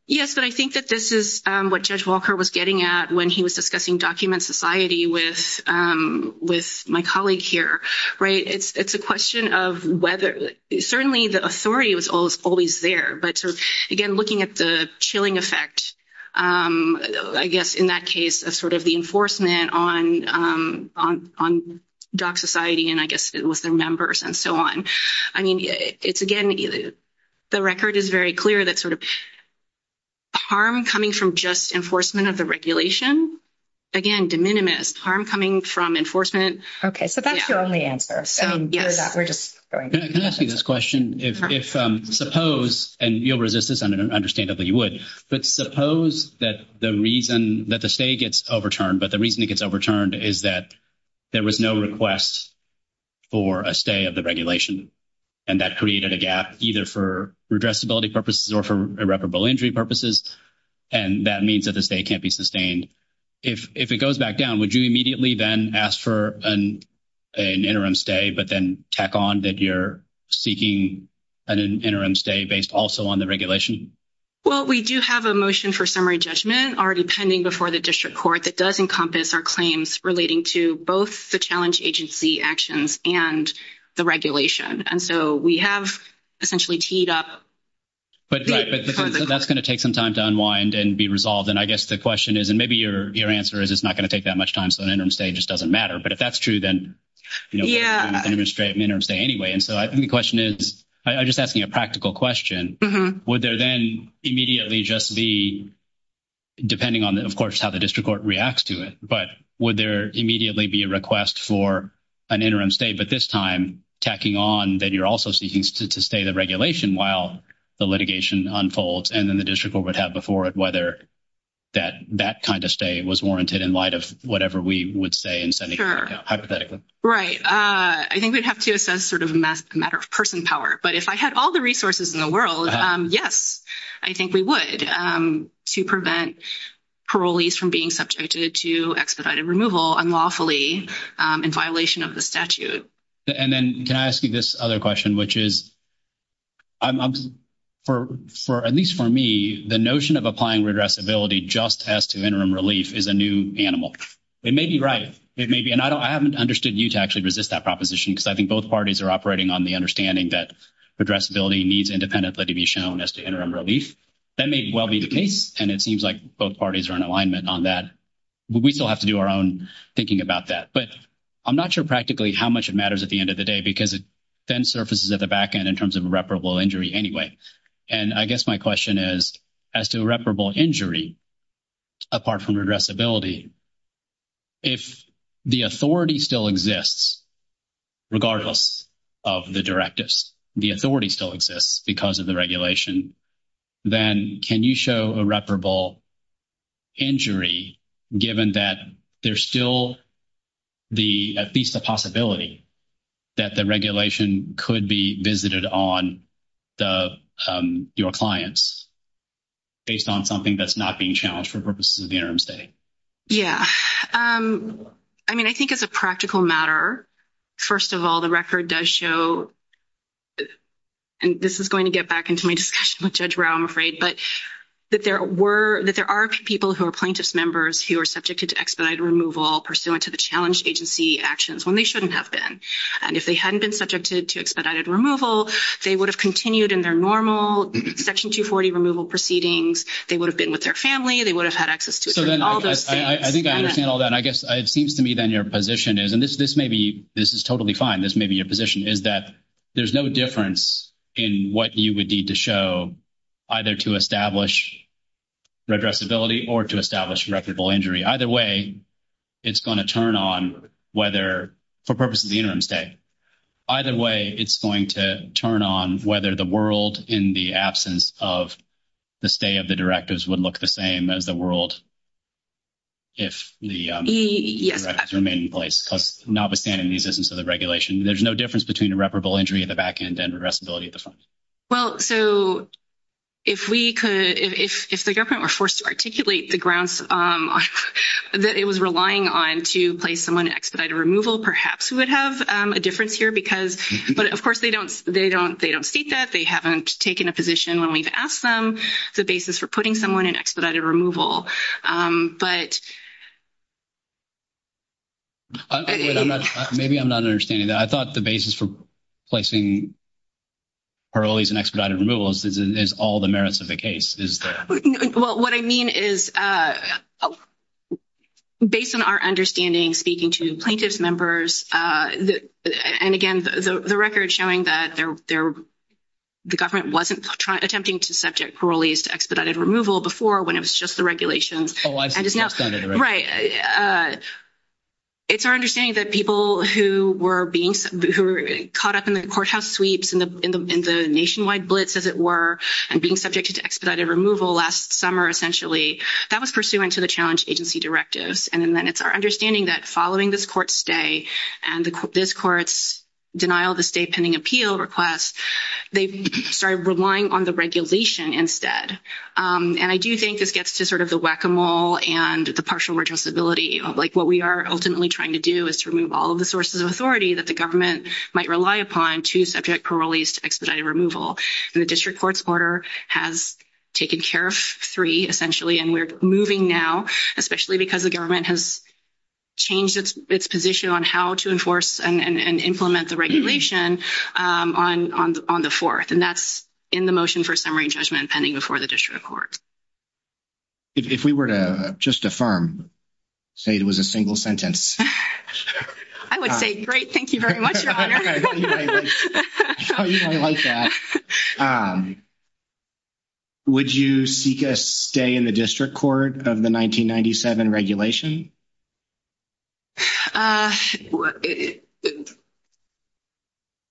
Yes, but I think that this is what Judge Walker was getting at when he was discussing document society with my colleague here. It's a question of whether, certainly the authority was always there, but again, looking at the chilling effect, I guess, in that case of sort of the enforcement on doc society and I guess with their members and so on. I mean, it's again, the record is very clear that sort of harm coming from just enforcement of the regulation, again, de minimis, harm coming from enforcement. Okay, so that's the only answer. Can I ask you this question? If suppose, and you'll resist this understandably you would, but suppose that the reason that the stay gets overturned, but the reason it gets overturned is that there was no request for a stay of the regulation. And that created a gap, either for redressability purposes or for irreparable injury purposes. And that means that the stay can't be sustained. If it goes back down, would you immediately then ask for an interim stay, but then tack on that you're seeking an interim stay based also on the regulation? Well, we do have a motion for summary judgment already pending before the district court that does encompass our claims relating to both the challenge agency actions and the regulation. And so we have essentially teed up. But that's going to take some time to unwind and be resolved. And I guess the question is, and maybe your answer is, it's not going to take that much time. So, an interim stay just doesn't matter. But if that's true, then, you know, straight anyway. And so the question is, I just asked me a practical question. Would there then immediately just be, depending on, of course, how the district court reacts to it, but would there immediately be a request for an interim stay? But this time tacking on that you're also seeking to stay the regulation while the litigation unfolds. And then the district court would have before it whether that that kind of stay was warranted in light of whatever we would say. Right. I think we'd have to assess sort of a matter of person power. But if I had all the resources in the world, yes, I think we would to prevent parolees from being subjected to expedited removal unlawfully in violation of the statute. And then can I ask you this other question, which is. At least for me, the notion of applying redressability just as to interim relief is a new animal. It may be right. It may be. And I haven't understood you to actually resist that proposition. Because I think both parties are operating on the understanding that redressability needs independently to be shown as to interim relief. That may as well be the case. And it seems like both parties are in alignment on that. But we still have to do our own thinking about that. But I'm not sure practically how much it matters at the end of the day. Because it then surfaces at the back end in terms of irreparable injury anyway. And I guess my question is, as to irreparable injury, apart from redressability, if the authority still exists, regardless of the directives, the authority still exists because of the regulation. Then can you show irreparable injury given that there's still at least a possibility that the regulation could be visited on your clients based on something that's not being challenged for purposes of the interim study? Yeah. I mean, I think it's a practical matter. First of all, the record does show, and this is going to get back into my discussion with Judge Rao, I'm afraid. But that there are people who are plaintiff's members who are subjected to expedited removal pursuant to the challenge agency actions when they shouldn't have been. And if they hadn't been subjected to expedited removal, they would have continued in their normal Section 240 removal proceedings. They would have been with their family. They would have had access to all those things. I think I understand all that. And I guess it seems to me then your position is, and this may be, this is totally fine, this may be your position, is that there's no difference in what you would need to show either to establish redressability or to establish irreparable injury. Either way, it's going to turn on whether, for purposes of the interim stay. Either way, it's going to turn on whether the world in the absence of the stay of the directives would look the same as the world if the directives remain in place. Notwithstanding the existence of the regulation, there's no difference between irreparable injury at the back end and redressability at the front. Well, so if we could, if the government were forced to articulate the grounds that it was relying on to place someone in expedited removal, perhaps we would have a difference here. But, of course, they don't state that. They haven't taken a position when we've asked them the basis for putting someone in expedited removal. But... Maybe I'm not understanding that. I thought the basis for placing parolees in expedited removal is all the merits of the case. Well, what I mean is, based on our understanding, speaking to plaintiff's members, and again, the record showing that the government wasn't attempting to subject parolees to expedited removal before when it was just the regulations. Right. It's our understanding that people who were caught up in the courthouse sweeps and the nationwide blitz, as it were, and being subjected to expedited removal last summer, essentially, that was pursuant to the challenge agency directives. And then it's our understanding that following this court's stay and this court's denial of the stay pending appeal request, they started relying on the regulation instead. And I do think this gets to sort of the whack-a-mole and the partial retrospectability of, like, what we are ultimately trying to do is to remove all of the sources of authority that the government might rely upon to subject parolees to expedited removal. And the district court's order has taken care of three, essentially, and we're moving now, especially because the government has changed its position on how to enforce and implement the regulation on the fourth. And that's in the motion for summary and judgment pending before the district court. If we were to just affirm, say it was a single sentence. I would say, great, thank you very much, Robert. No, you don't like that. Would you seek a stay in the district court of the 1997 regulation?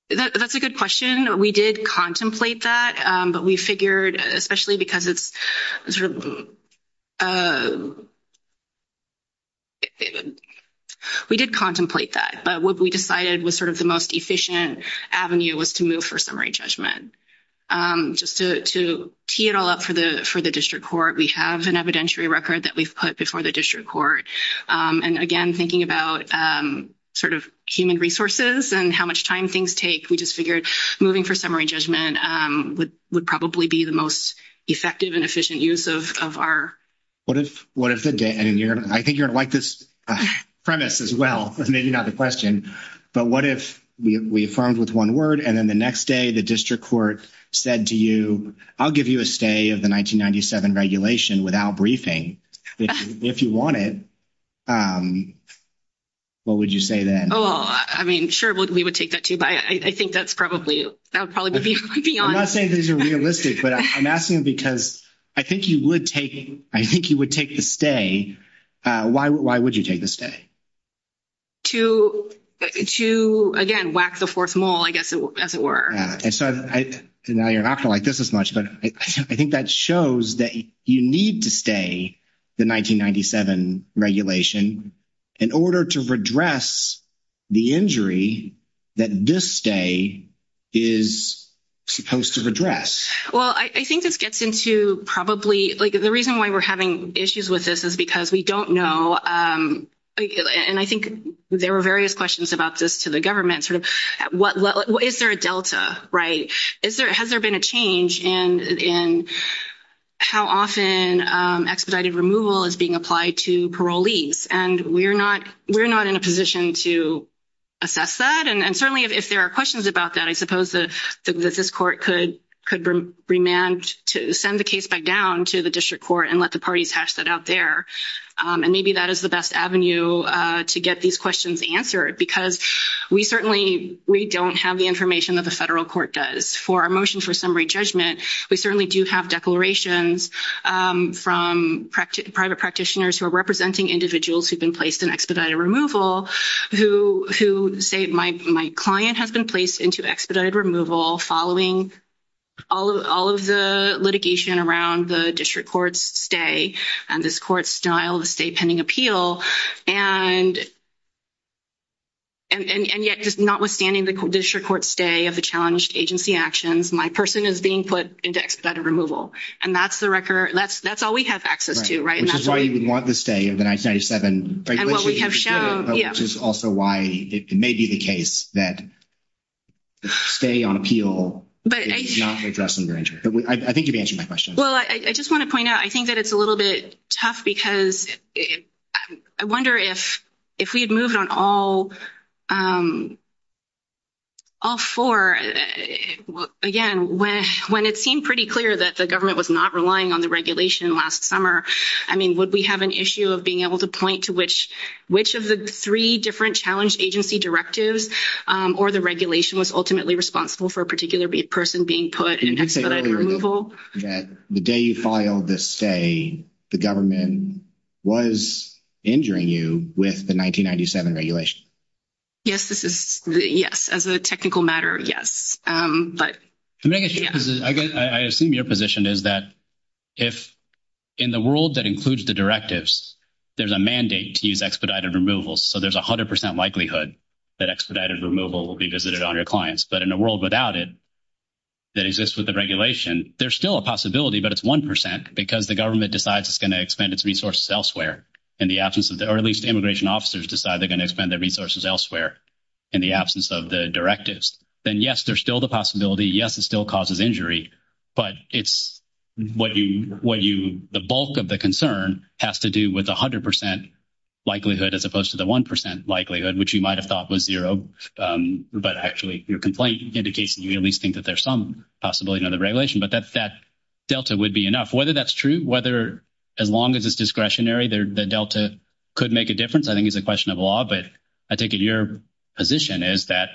That's a good question. We did contemplate that, but we figured, especially because it's sort of—we did contemplate that. But what we decided was sort of the most efficient avenue was to move for summary and judgment. Just to key it all up for the district court, we have an evidentiary record that we've put before the district court. And, again, thinking about sort of human resources and how much time things take, we just figured moving for summary and judgment would probably be the most effective and efficient use of our— If the district court said to you, I'll give you a stay of the 1997 regulation without briefing, if you want it, what would you say then? Oh, I mean, sure, we would take that, too. But I think that's probably—I would probably be honest. I'm not saying these are realistic, but I'm asking because I think you would take—I think you would take the stay. Why would you take the stay? To, again, whack the fourth mole, I guess, as it were. Now, you're not going to like this as much, but I think that shows that you need to stay the 1997 regulation in order to redress the injury that this stay is supposed to redress. Well, I think this gets into probably—like, the reason why we're having issues with this is because we don't know, and I think there were various questions about this to the government, sort of, is there a delta, right? Has there been a change in how often expedited removal is being applied to parolees? And we're not in a position to assess that, and certainly if there are questions about that, I suppose that this court could remand to send the case back down to the district court and let the parties hash that out there. And maybe that is the best avenue to get these questions answered because we certainly—we don't have the information that the federal court does. For our motion for summary judgment, we certainly do have declarations from private practitioners who are representing individuals who've been placed in expedited removal who say, my client has been placed into expedited removal following all of the litigation around the district court's stay and this court's denial of a stay pending appeal. And yet, notwithstanding the district court's stay of the challenged agency actions, my person is being put into expedited removal. And that's the record—that's all we have access to, right? Which is why you would want the stay of the 1997— And what we have shown, yes. Which is also why it may be the case that the stay on appeal is not a precedent to enter. I think you've answered my question. Well, I just want to point out, I think that it's a little bit tough because I wonder if we had moved on all four, again, when it seemed pretty clear that the government was not relying on the regulation last summer, I mean, would we have an issue of being able to point to which of the three different challenged agency directives or the regulation was ultimately responsible for a particular person being put in expedited removal? That the day you filed the stay, the government was injuring you with the 1997 regulation. Yes, this is—yes, as a technical matter, yes. But— I guess I assume your position is that if in the world that includes the directives, there's a mandate to use expedited removal, so there's 100% likelihood that expedited removal will be visited on your clients. But in a world without it that exists with the regulation, there's still a possibility, but it's 1%, because the government decides it's going to expend its resources elsewhere in the absence of— or at least the immigration officers decide they're going to expend their resources elsewhere in the absence of the directives. Then, yes, there's still the possibility. Yes, it still causes injury. But it's what you—the bulk of the concern has to do with 100% likelihood as opposed to the 1% likelihood, which you might have thought was zero. But actually, your complaint indicates you at least think that there's some possibility under the regulation. But that delta would be enough. Whether that's true, whether—as long as it's discretionary, the delta could make a difference, I think, is a question of law. But I think your position is that,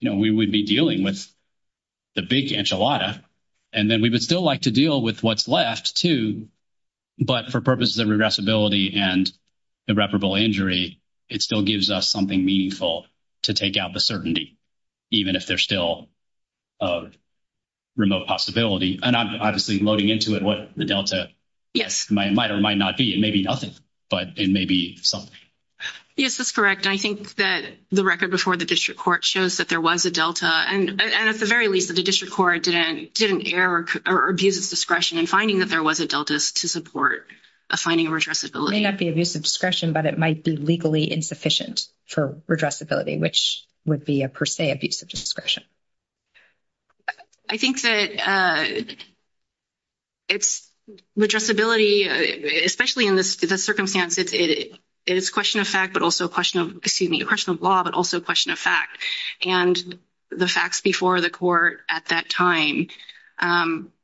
you know, we would be dealing with the big enchilada, and then we would still like to deal with what's left, too. But for purposes of regressibility and irreparable injury, it still gives us something meaningful to take out the certainty, even if there's still a remote possibility. And I'm obviously loading into it what the delta might or might not be. It may be nothing, but it may be something. Yes, that's correct. I think that the record before the district court shows that there was a delta. And at the very least, the district court didn't err or abuse its discretion in finding that there was a delta to support a finding of regressibility. It may not be abuse of discretion, but it might be legally insufficient for regressibility, which would be, per se, abuse of discretion. I think that it's regressibility, especially in this circumstance, it is a question of fact, but also a question of, excuse me, a question of law, but also a question of fact. And the facts before the court at that time,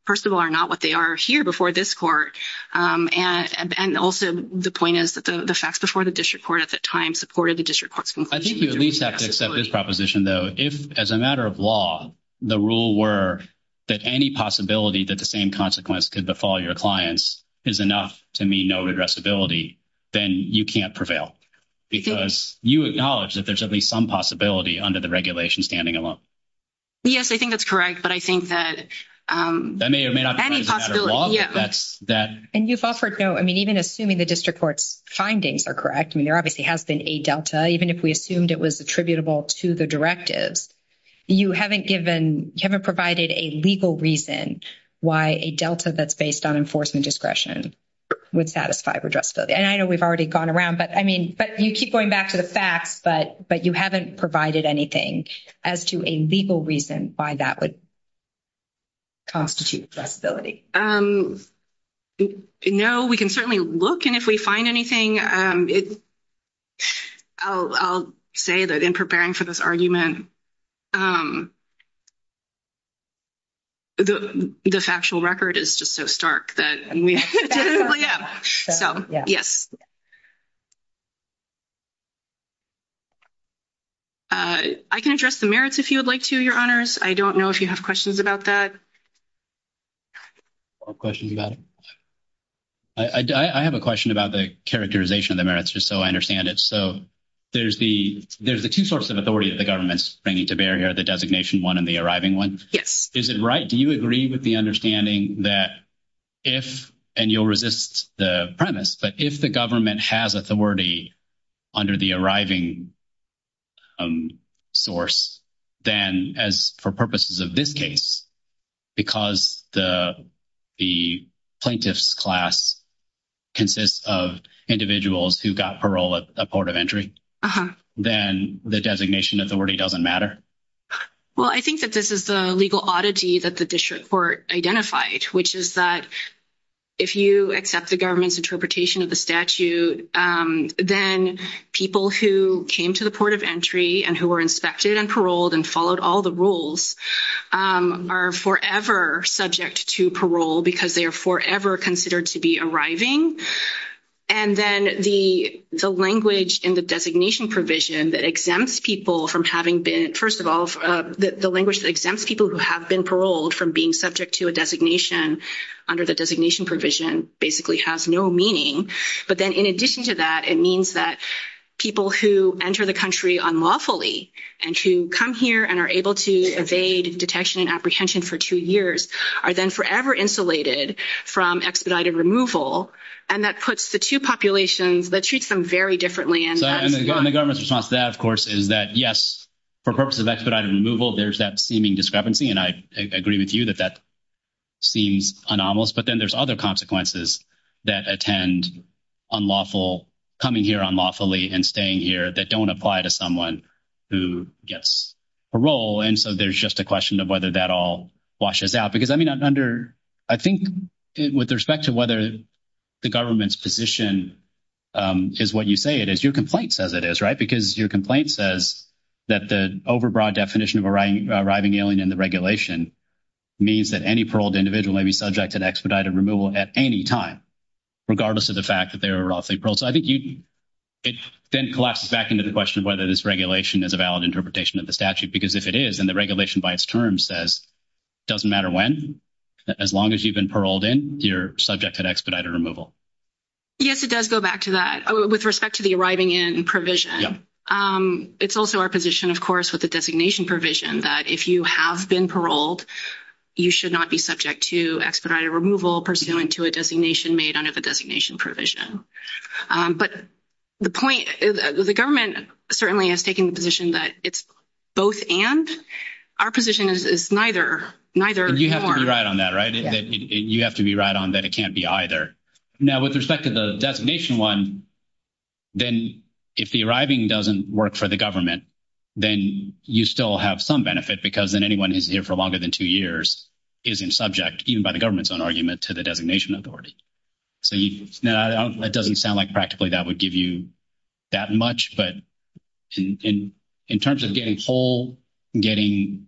first of all, are not what they are here before this court. And also, the point is that the facts before the district court at that time supported the district court's conclusion. I think we at least have to accept this proposition, though. If, as a matter of law, the rule were that any possibility that the same consequence could befall your clients is enough to mean no regressibility, then you can't prevail. Because you acknowledge that there should be some possibility under the regulation standing alone. Yes, I think that's correct, but I think that any possibility. And you've offered no, I mean, even assuming the district court's findings are correct. I mean, there obviously has been a delta, even if we assumed it was attributable to the directive. You haven't given, you haven't provided a legal reason why a delta that's based on enforcement discretion would satisfy regressibility. And I know we've already gone around, but I mean, but you keep going back to the facts, but you haven't provided anything as to a legal reason why that would constitute regressibility. No, we can certainly look, and if we find anything, I'll say that in preparing for this argument, the factual record is just so stark that we didn't really have. So, yes. I can address the merits if you would like to, Your Honors. I don't know if you have questions about that. Or questions about it? I have a question about the characterization of the merits, just so I understand it. So, there's the two sources of authority that the government's bringing to bear here, the designation one and the arriving one. Yes. Is it right, do you agree with the understanding that if, and you'll resist the premise, but if the government has authority under the arriving source, then as for purposes of this case, because the plaintiff's class consists of individuals who got parole at the port of entry, then the designation authority doesn't matter? Well, I think that this is the legal oddity that the district court identified, which is that if you accept the government's interpretation of the statute, then people who came to the port of entry and who were inspected and paroled and followed all the rules are forever subject to parole because they are forever considered to be arriving. And then the language in the designation provision that exempts people from having been, first of all, the language that exempts people who have been paroled from being subject to a designation under the designation provision basically has no meaning. But then in addition to that, it means that people who enter the country unlawfully and who come here and are able to evade detection and apprehension for two years are then forever insulated from expedited removal. And that puts the two populations, that treats them very differently. And the government's response to that, of course, is that, yes, for purposes of expedited removal, there's that seeming discrepancy. And I agree with you that that seems anomalous. But then there's other consequences that attend unlawful, coming here unlawfully and staying here that don't apply to someone who gets parole. And so there's just a question of whether that all washes out. Because, I mean, I'm under, I think, with respect to whether the government's position is what you say it is, your complaint says it is, right? Because your complaint says that the overbroad definition of arriving alien in the regulation means that any paroled individual may be subject to expedited removal at any time, regardless of the fact that they were unlawfully paroled. So I think it then collapses back into the question of whether this regulation is a valid interpretation of the statute. Because if it is, and the regulation by its terms says, doesn't matter when, as long as you've been paroled in, you're subject to expedited removal. Yes, it does go back to that with respect to the arriving in provision. It's also our position, of course, with the designation provision that if you have been paroled, you should not be subject to expedited removal pursuant to a designation made under the designation provision. But the point is, the government certainly has taken the position that it's both and. Our position is neither. Neither is more. You have to be right on that, right? You have to be right on that it can't be either. Now, with respect to the designation one, then if the arriving doesn't work for the government, then you still have some benefit because then anyone who's here for longer than two years isn't subject, even by the government's own argument, to the designation authority. So, that doesn't sound like practically that would give you that much, but in terms of getting whole, getting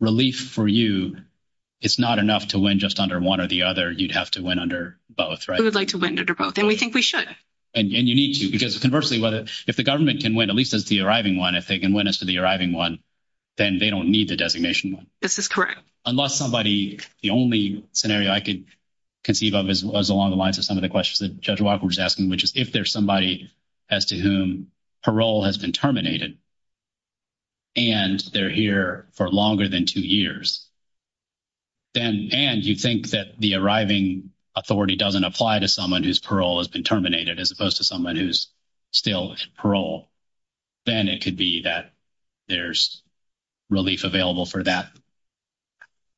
relief for you, it's not enough to win just under one or the other. You'd have to win under both, right? We would like to win under both, and we think we should. And you need to, because conversely, if the government can win, at least it's the arriving one, if they can win as to the arriving one, then they don't need the designation one. This is correct. Unless somebody, the only scenario I could conceive of was along the lines of some of the questions that Judge Walker was asking, which is if there's somebody as to whom parole has been terminated, and they're here for longer than two years, and you think that the arriving authority doesn't apply to someone whose parole has been terminated, as opposed to someone who's still parole, then it could be that there's relief available for that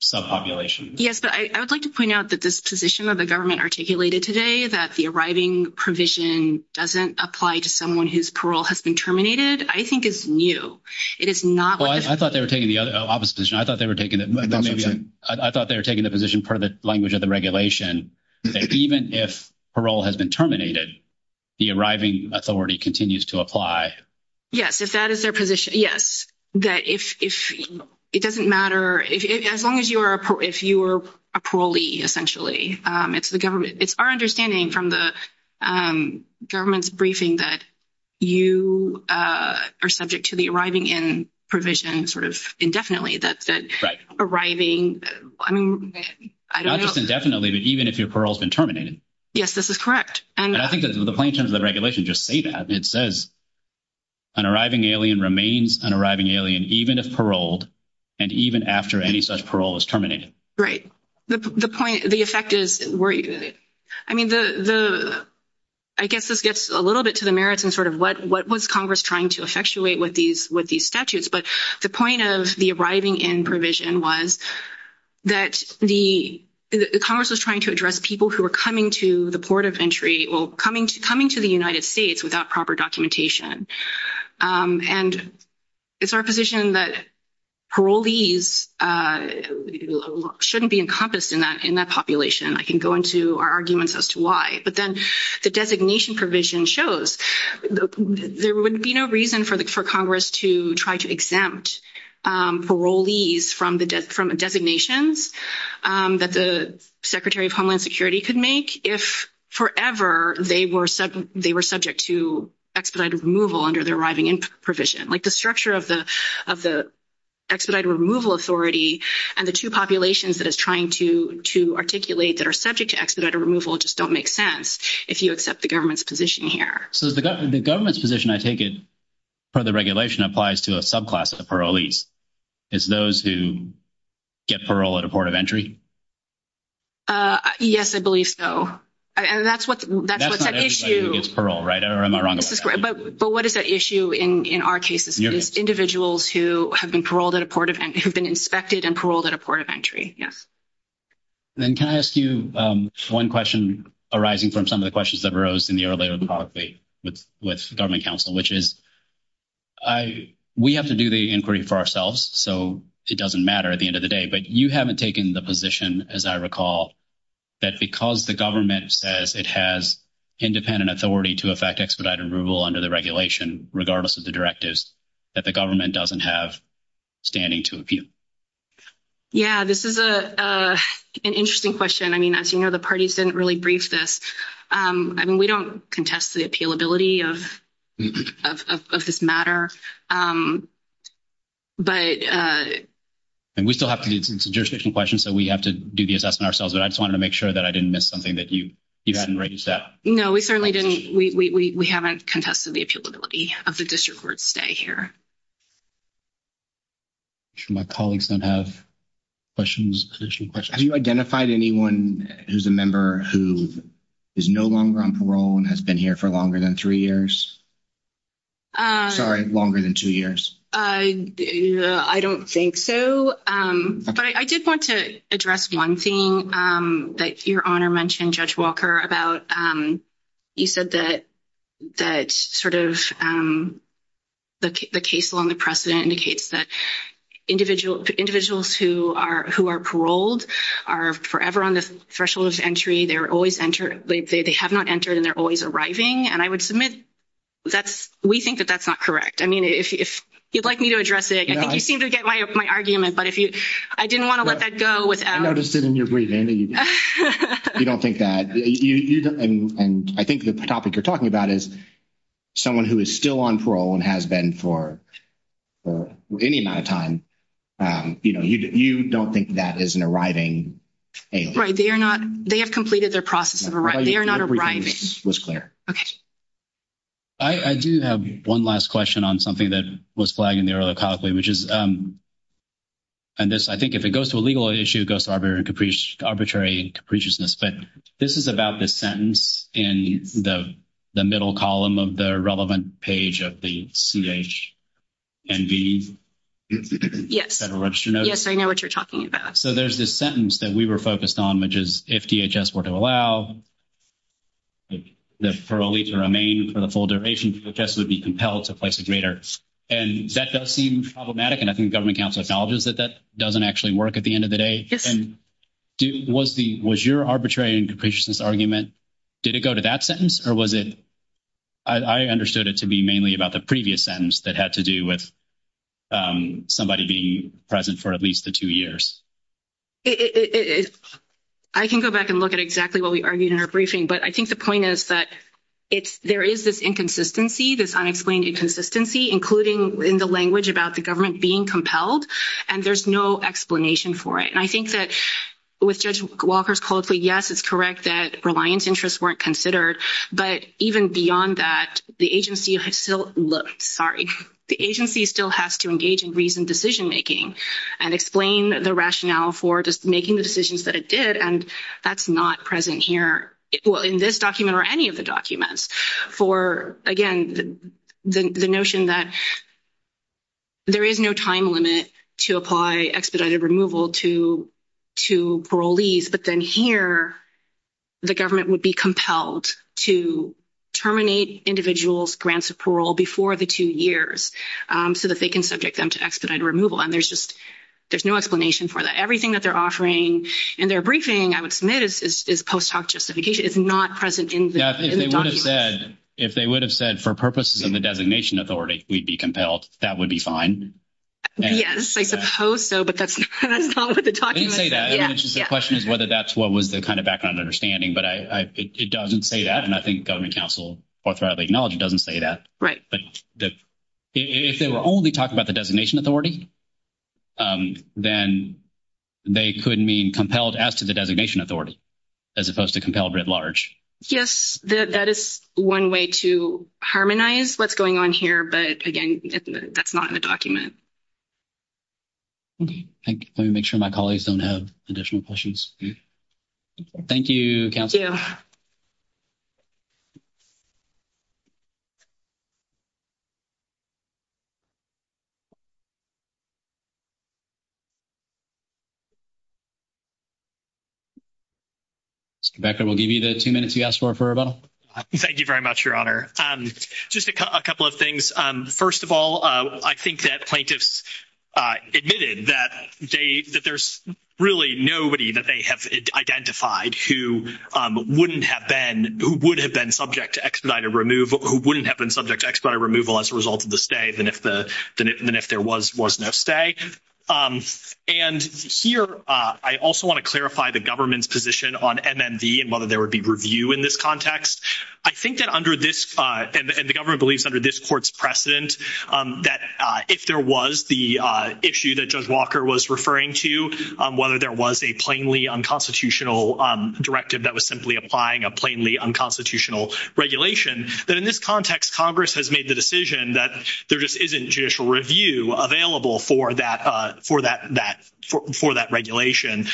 subpopulation. Yes, but I would like to point out that this position that the government articulated today, that the arriving provision doesn't apply to someone whose parole has been terminated, I think is new. I thought they were taking the position per the language of the regulation. Even if parole has been terminated, the arriving authority continues to apply. Yes, if that is their position, yes. It doesn't matter, as long as you are a parolee, essentially. It's our understanding from the government's briefing that you are subject to the arriving in provision sort of indefinitely. That's it. Arriving, I mean, I don't know. Not just indefinitely, but even if your parole has been terminated. Yes, this is correct. And I think that the plain terms of the regulation just say that. It says an arriving alien remains an arriving alien, even if paroled, and even after any such parole is terminated. Right. The point, the effect is, I mean, I guess this gets a little bit to the merits and sort of what was Congress trying to effectuate with these statutes. But the point of the arriving in provision was that Congress was trying to address people who were coming to the port of entry, well, coming to the United States without proper documentation. And it's our position that parolees shouldn't be encompassed in that population. I can go into our arguments as to why. But then the designation provision shows there would be no reason for Congress to try to exempt parolees from designations that the Secretary of Homeland Security could make if forever they were subject to expedited removal under the arriving in provision. Like, the structure of the expedited removal authority and the two populations that it's trying to articulate that are subject to expedited removal just don't make sense if you accept the government's position here. So the government's position, I take it, for the regulation applies to a subclass of the parolees. It's those who get parole at a port of entry? Yes, I believe so. And that's what's at issue. That's not everybody who gets parole, right? I'm not wrong about that. But what is at issue in our cases? Individuals who have been inspected and paroled at a port of entry, yes. And can I ask you one question arising from some of the questions that arose in the earlier part with government counsel, which is we have to do the inquiry for ourselves. So it doesn't matter at the end of the day. But you haven't taken the position, as I recall, that because the government says it has independent authority to effect expedited removal under the regulation, regardless of the directives, that the government doesn't have standing to appeal. Yeah, this is an interesting question. I mean, as you know, the parties didn't really brief this. I mean, we don't contest the appealability of this matter. And we still have jurisdiction questions that we have to do the assessment ourselves. And I just wanted to make sure that I didn't miss something that you hadn't raised up. No, we certainly didn't. We haven't contested the appealability of the district court stay here. I'm sure my colleagues don't have questions. Have you identified anyone who's a member who is no longer on parole and has been here for longer than three years? Sorry, longer than two years. I don't think so. But I did want to address one thing that your Honor mentioned, Judge Walker, about you said that sort of the case law and the precedent indicates that individuals who are paroled are forever on the threshold of entry. They have not entered, and they're always arriving. And I would submit that we think that that's not correct. I mean, if you'd like me to address it, I think you seem to get my argument. But I didn't want to let that go without... I noticed it in your brief, Andy. You don't think that. And I think the topic you're talking about is someone who is still on parole and has been for any amount of time. You know, you don't think that is an arriving agent. Right. They are not. They have completed their process of arriving. They are not arriving. Everything was clear. Okay. I do have one last question on something that was flagged in the earlier topic, which is, and this, I think if it goes to a legal issue, it goes to arbitrary capriciousness. But this is about the sentence in the middle column of the relevant page of the CH and D. Yes. Yes, I know what you're talking about. So there's this sentence that we were focused on, which is, if DHS were to allow the parolee to remain for the full duration, DHS would be compelled to place a grader. And that does seem problematic. And I think the Government Council acknowledges that that doesn't actually work at the end of the day. And was your arbitrary and capriciousness argument, did it go to that sentence? Or was it, I understood it to be mainly about the previous sentence that had to do with somebody being present for at least the two years. I can go back and look at exactly what we argued in our briefing. But I think the point is that there is this inconsistency, this unexplained inconsistency, including in the language about the government being compelled. And there's no explanation for it. And I think that what Judge Walker's called for, yes, it's correct that reliance interests weren't considered. But even beyond that, the agency has still looked, sorry, the agency still has to engage in reasoned decision-making and explain the rationale for just making the decisions that it did. And that's not present here, well, in this document or any of the documents for, again, the notion that there is no time limit to apply expedited removal to parolees. But then here, the government would be compelled to terminate individuals' grants of parole before the two years so that they can subject them to expedited removal. And there's just—there's no explanation for that. Everything that they're offering in their briefing, I would submit, is post hoc justification. It's not present in the document. Yes, if they would have said, for purposes of the designation authority, we'd be compelled, that would be fine. Yes, I suppose so, but that's not what the document says. I didn't say that. The question is whether that's what was the kind of background understanding. But it doesn't say that. And I think Governing Council, for lack of acknowledging, doesn't say that. Right. If they would only talk about the designation authority, then they could mean compelled as to the designation authority, as opposed to compelled writ large. Yes, that is one way to harmonize what's going on here. But, again, that's not in the document. Let me make sure my colleagues don't have additional questions. Thank you, Council. Thank you. Mr. Becker, we'll give you the two minutes you asked for for rebuttal. Thank you very much, Your Honor. Just a couple of things. First of all, I think that plaintiffs admitted that there's really nobody that they have identified who wouldn't have been subject to expedited removal as a result of the stay than if there was no stay. And here I also want to clarify the government's position on MMD and whether there would be review in this context. I think that under this—and the government believes under this court's precedent that if there was the issue that Judge Walker was referring to, whether there was a plainly unconstitutional directive that was simply applying a plainly unconstitutional regulation, that in this context, Congress has made the decision that there just isn't judicial review available for that regulation.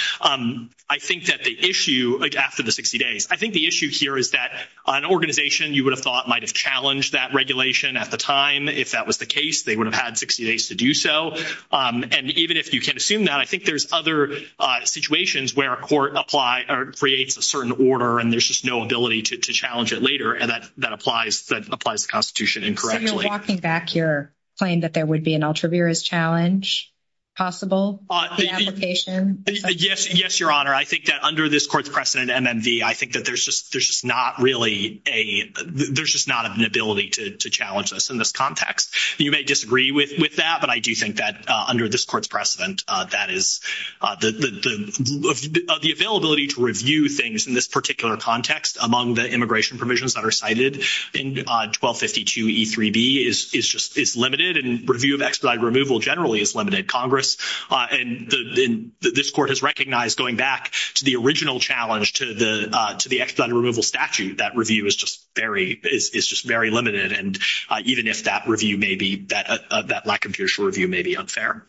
I think that the issue—like, after the 60 days—I think the issue here is that an organization you would have thought might have challenged that regulation at the time. If that was the case, they would have had 60 days to do so. And even if you can assume that, I think there's other situations where a court creates a certain order and there's just no ability to challenge it later, and that applies to the Constitution incorrectly. So you're walking back here, saying that there would be an ultraviarious challenge possible in the application? Yes, Your Honor. I think that under this court's precedent, MMD, I think that there's just not really a—there's just not an ability to challenge this in this context. You may disagree with that, but I do think that under this court's precedent, that is—the availability to review things in this particular context among the immigration provisions that are cited in 1252e3b is limited, and review of expedited removal generally is limited. Congress—and this court has recognized, going back to the original challenge to the expedited removal statute, that review is just very limited. And even if that review may be—that lack of judicial review may be unfair.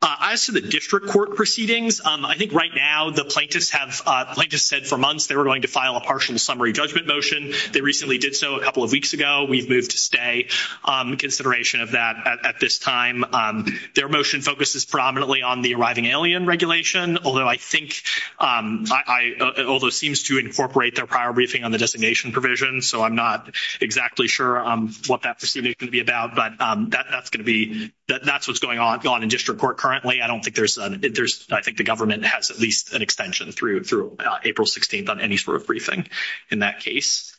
As to the district court proceedings, I think right now the plaintiffs have—the plaintiffs said for months they were going to file a partial summary judgment motion. They recently did so a couple of weeks ago. We've moved to stay in consideration of that at this time. Their motion focuses predominantly on the arriving alien regulation, although I think—although it seems to incorporate their prior briefing on the designation provision, so I'm not exactly sure what that decision is going to be about. But that's going to be—that's what's going on in district court currently. I don't think there's—I think the government has at least an extension through April 16th on any sort of briefing in that case.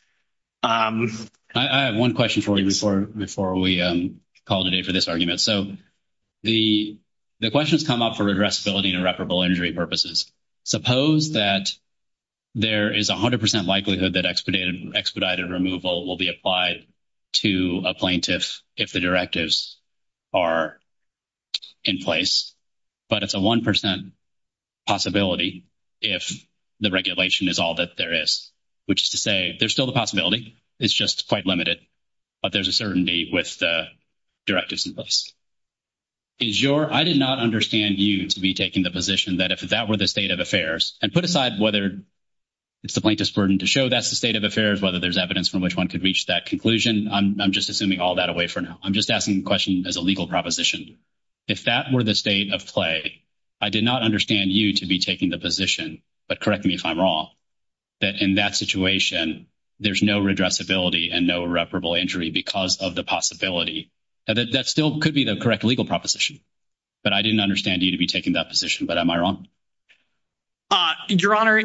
I have one question before we call it a day for this argument. So the questions come up for addressability and reparable injury purposes. Suppose that there is 100 percent likelihood that expedited removal will be applied to a plaintiff if the directives are in place, but it's a 1 percent possibility if the regulation is all that there is. Which is to say there's still the possibility. It's just quite limited, but there's a certainty with the directives in place. Is your—I did not understand you to be taking the position that if that were the state of affairs—and put aside whether it's the plaintiff's burden to show that's the state of affairs, whether there's evidence from which one could reach that conclusion. I'm just assuming all that away for now. I'm just asking the question as a legal proposition. If that were the state of play, I did not understand you to be taking the position, but correct me if I'm wrong, that in that situation there's no redressability and no reparable injury because of the possibility. That still could be the correct legal proposition, but I didn't understand you to be taking that position. But am I wrong? Your Honor,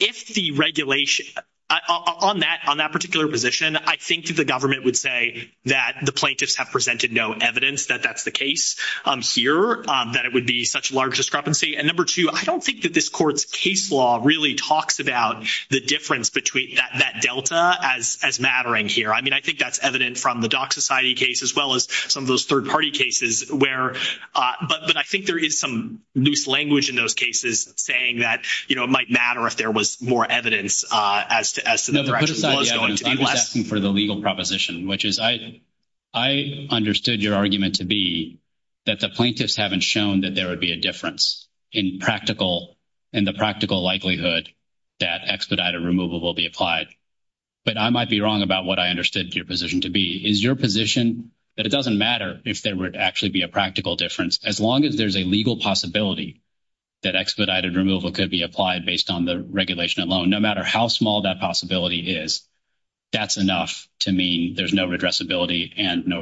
if the regulation—on that particular position, I think the government would say that the plaintiffs have presented no evidence that that's the case here, that it would be such a large discrepancy. And number two, I don't think that this court's case law really talks about the difference between that delta as mattering here. I mean, I think that's evident from the Dock Society case as well as some of those third-party cases where—but I think there is some loose language in those cases saying that, you know, it might matter if there was more evidence as to— No, but put aside, yeah, I was asking for the legal proposition, which is I understood your argument to be that the plaintiffs haven't shown that there would be a difference in the practical likelihood that expedited removal will be applied. But I might be wrong about what I understood your position to be. Is your position that it doesn't matter if there would actually be a practical difference? As long as there's a legal possibility that expedited removal could be applied based on the regulation alone, no matter how small that possibility is, that's enough to mean there's no redressability and no—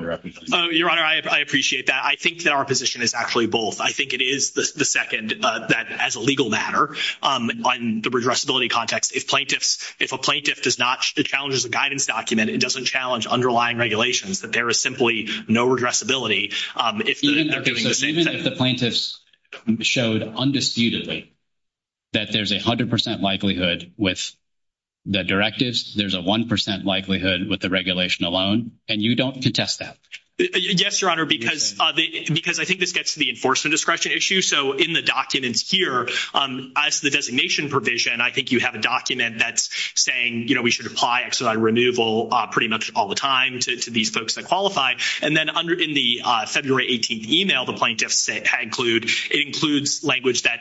Your Honor, I appreciate that. I think that our position is actually both. I think it is the second that, as a legal matter, on the redressability context, if plaintiffs—if a plaintiff does not—it challenges the guidance document, it doesn't challenge underlying regulations, that there is simply no redressability. Even if the plaintiffs showed undisputedly that there's a 100 percent likelihood with the directives, there's a 1 percent likelihood with the regulation alone, and you don't contest that? Yes, Your Honor, because I think this gets to the enforcement discretion issue. So in the document here, as the designation provision, I think you have a document that's saying, you know, we should apply expedited removal pretty much all the time to these folks that qualify. And then in the February 18th email, the plaintiffs conclude it includes language that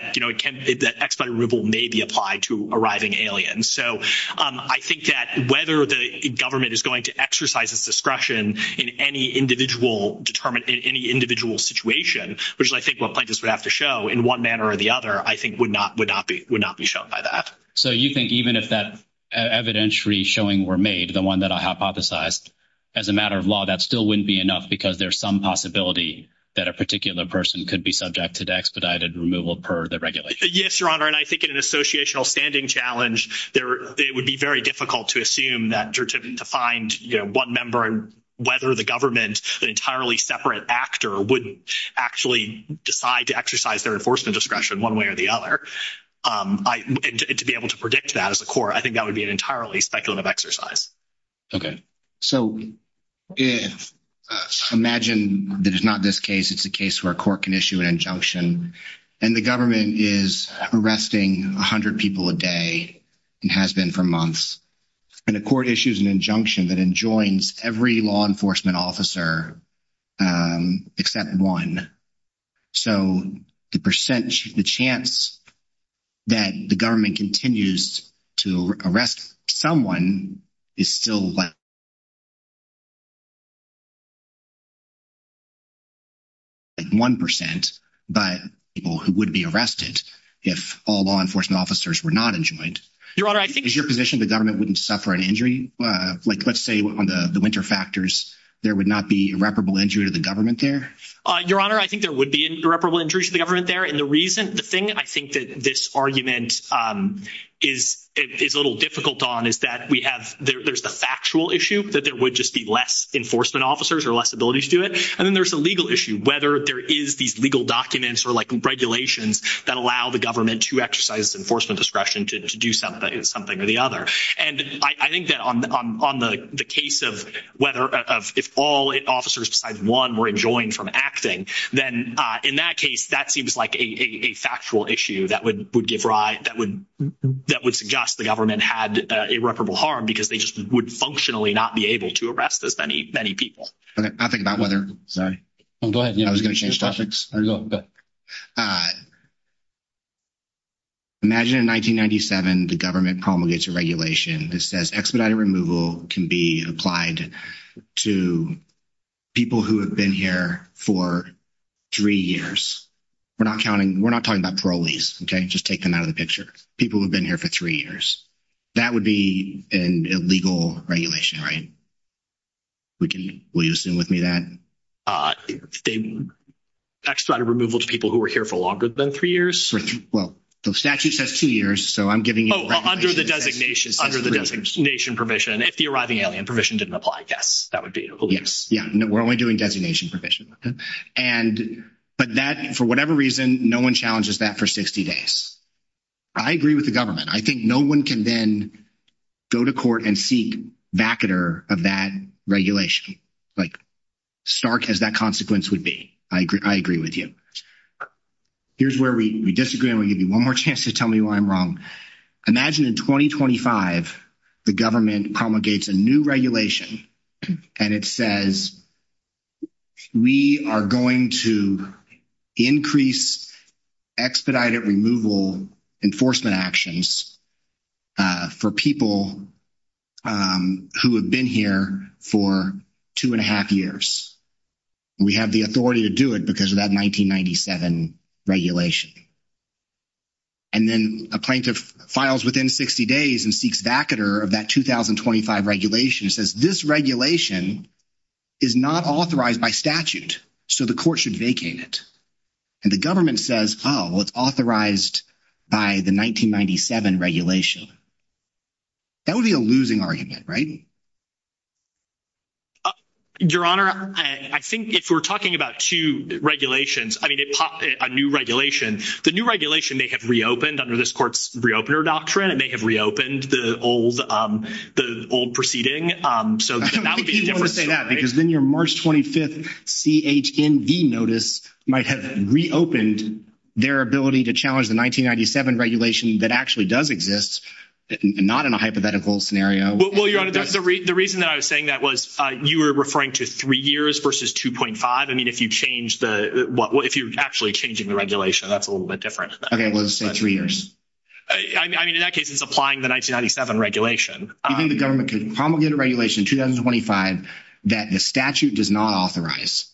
expedited removal may be applied to arriving aliens. So I think that whether the government is going to exercise its discretion in any individual—determine any individual situation, which I think what plaintiffs would have to show in one manner or the other, I think would not be shown by that. So you think even if that evidentiary showing were made, the one that I hypothesized, as a matter of law, that still wouldn't be enough because there's some possibility that a particular person could be subject to the expedited removal per the regulation? Yes, Your Honor, and I think in an associational standing challenge, it would be very difficult to assume that—to find, you know, one member and whether the government, an entirely separate actor, would actually decide to exercise their enforcement discretion one way or the other. To be able to predict that as a court, I think that would be an entirely speculative exercise. Okay. So imagine that it's not this case. It's a case where a court can issue an injunction, and the government is arresting 100 people a day and has been for months. And the court issues an injunction that enjoins every law enforcement officer except one. So the chance that the government continues to arrest someone is still less than 1% by people who would be arrested if all law enforcement officers were not enjoined. Your Honor, I think— Is your position the government wouldn't suffer an injury? Like, let's say on the winter factors, there would not be irreparable injury to the government there? Your Honor, I think there would be an irreparable injury to the government there, and the reason—the thing I think that this argument is a little difficult on is that we have—there's the factual issue that there would just be less enforcement officers or less ability to do it. And then there's the legal issue, whether there is these legal documents or, like, regulations that allow the government to exercise enforcement discretion to do something or the other. And I think that on the case of whether—if all officers besides one were enjoined from acting, then in that case, that seems like a factual issue that would suggest the government had irreparable harm because they just would functionally not be able to arrest as many people. I'll think about whether— Go ahead. I was going to change topics. Go ahead. Imagine in 1997, the government promulgates a regulation that says expediting removal can be applied to people who have been here for three years. We're not counting—we're not talking about parolees, okay? Just take them out of the picture. People who have been here for three years. That would be an illegal regulation, right? Will you assume with me that? They expedited removal to people who were here for longer than three years? Well, the statute says two years, so I'm giving you— Oh, under the designation permission. If the arriving alien permission didn't apply, yes, that would be illegal. Yes. Yeah. We're only doing designation permission. And—but that—for whatever reason, no one challenges that for 60 days. I agree with the government. I think no one can then go to court and seek vacater of that regulation, like stark as that consequence would be. I agree with you. Here's where we disagree. I'm going to give you one more chance to tell me why I'm wrong. Imagine in 2025 the government promulgates a new regulation, and it says we are going to increase expedited removal enforcement actions for people who have been here for two and a half years. We have the authority to do it because of that 1997 regulation. And then a plaintiff files within 60 days and seeks vacater of that 2025 regulation and says this regulation is not authorized by statute, so the court should vacate it. And the government says, oh, well, it's authorized by the 1997 regulation. That would be a losing argument, right? Your Honor, I think if we're talking about two regulations, I mean, a new regulation, the new regulation may have reopened under this court's reopener doctrine. It may have reopened the old proceeding. I think you don't want to say that because then your March 25th CHND notice might have reopened their ability to challenge the 1997 regulation that actually does exist, not in a hypothetical scenario. Well, Your Honor, the reason that I was saying that was you were referring to three years versus 2.5. I mean, if you change the – if you're actually changing the regulation, that's a little bit different. Okay, well, let's say three years. I mean, in that case, it's applying the 1997 regulation. Do you think the government could promulgate a regulation in 2025 that the statute does not authorize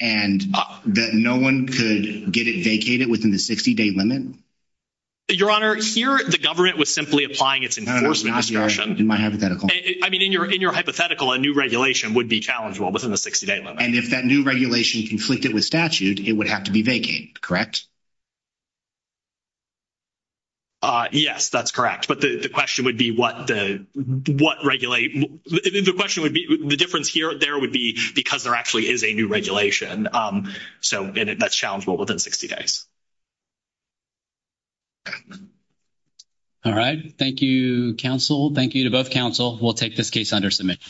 and that no one could get it vacated within the 60-day limit? Your Honor, here, the government was simply applying its enforcement instructions. I mean, in your hypothetical, a new regulation would be challengeable within the 60-day limit. And if that new regulation is conflicted with statute, it would have to be vacated, correct? Yes, that's correct. But the question would be what – the question would be – the difference here or there would be because there actually is a new regulation. So that's challengeable within 60 days. All right. Thank you, counsel. Thank you to both counsel. We'll take this case under submission.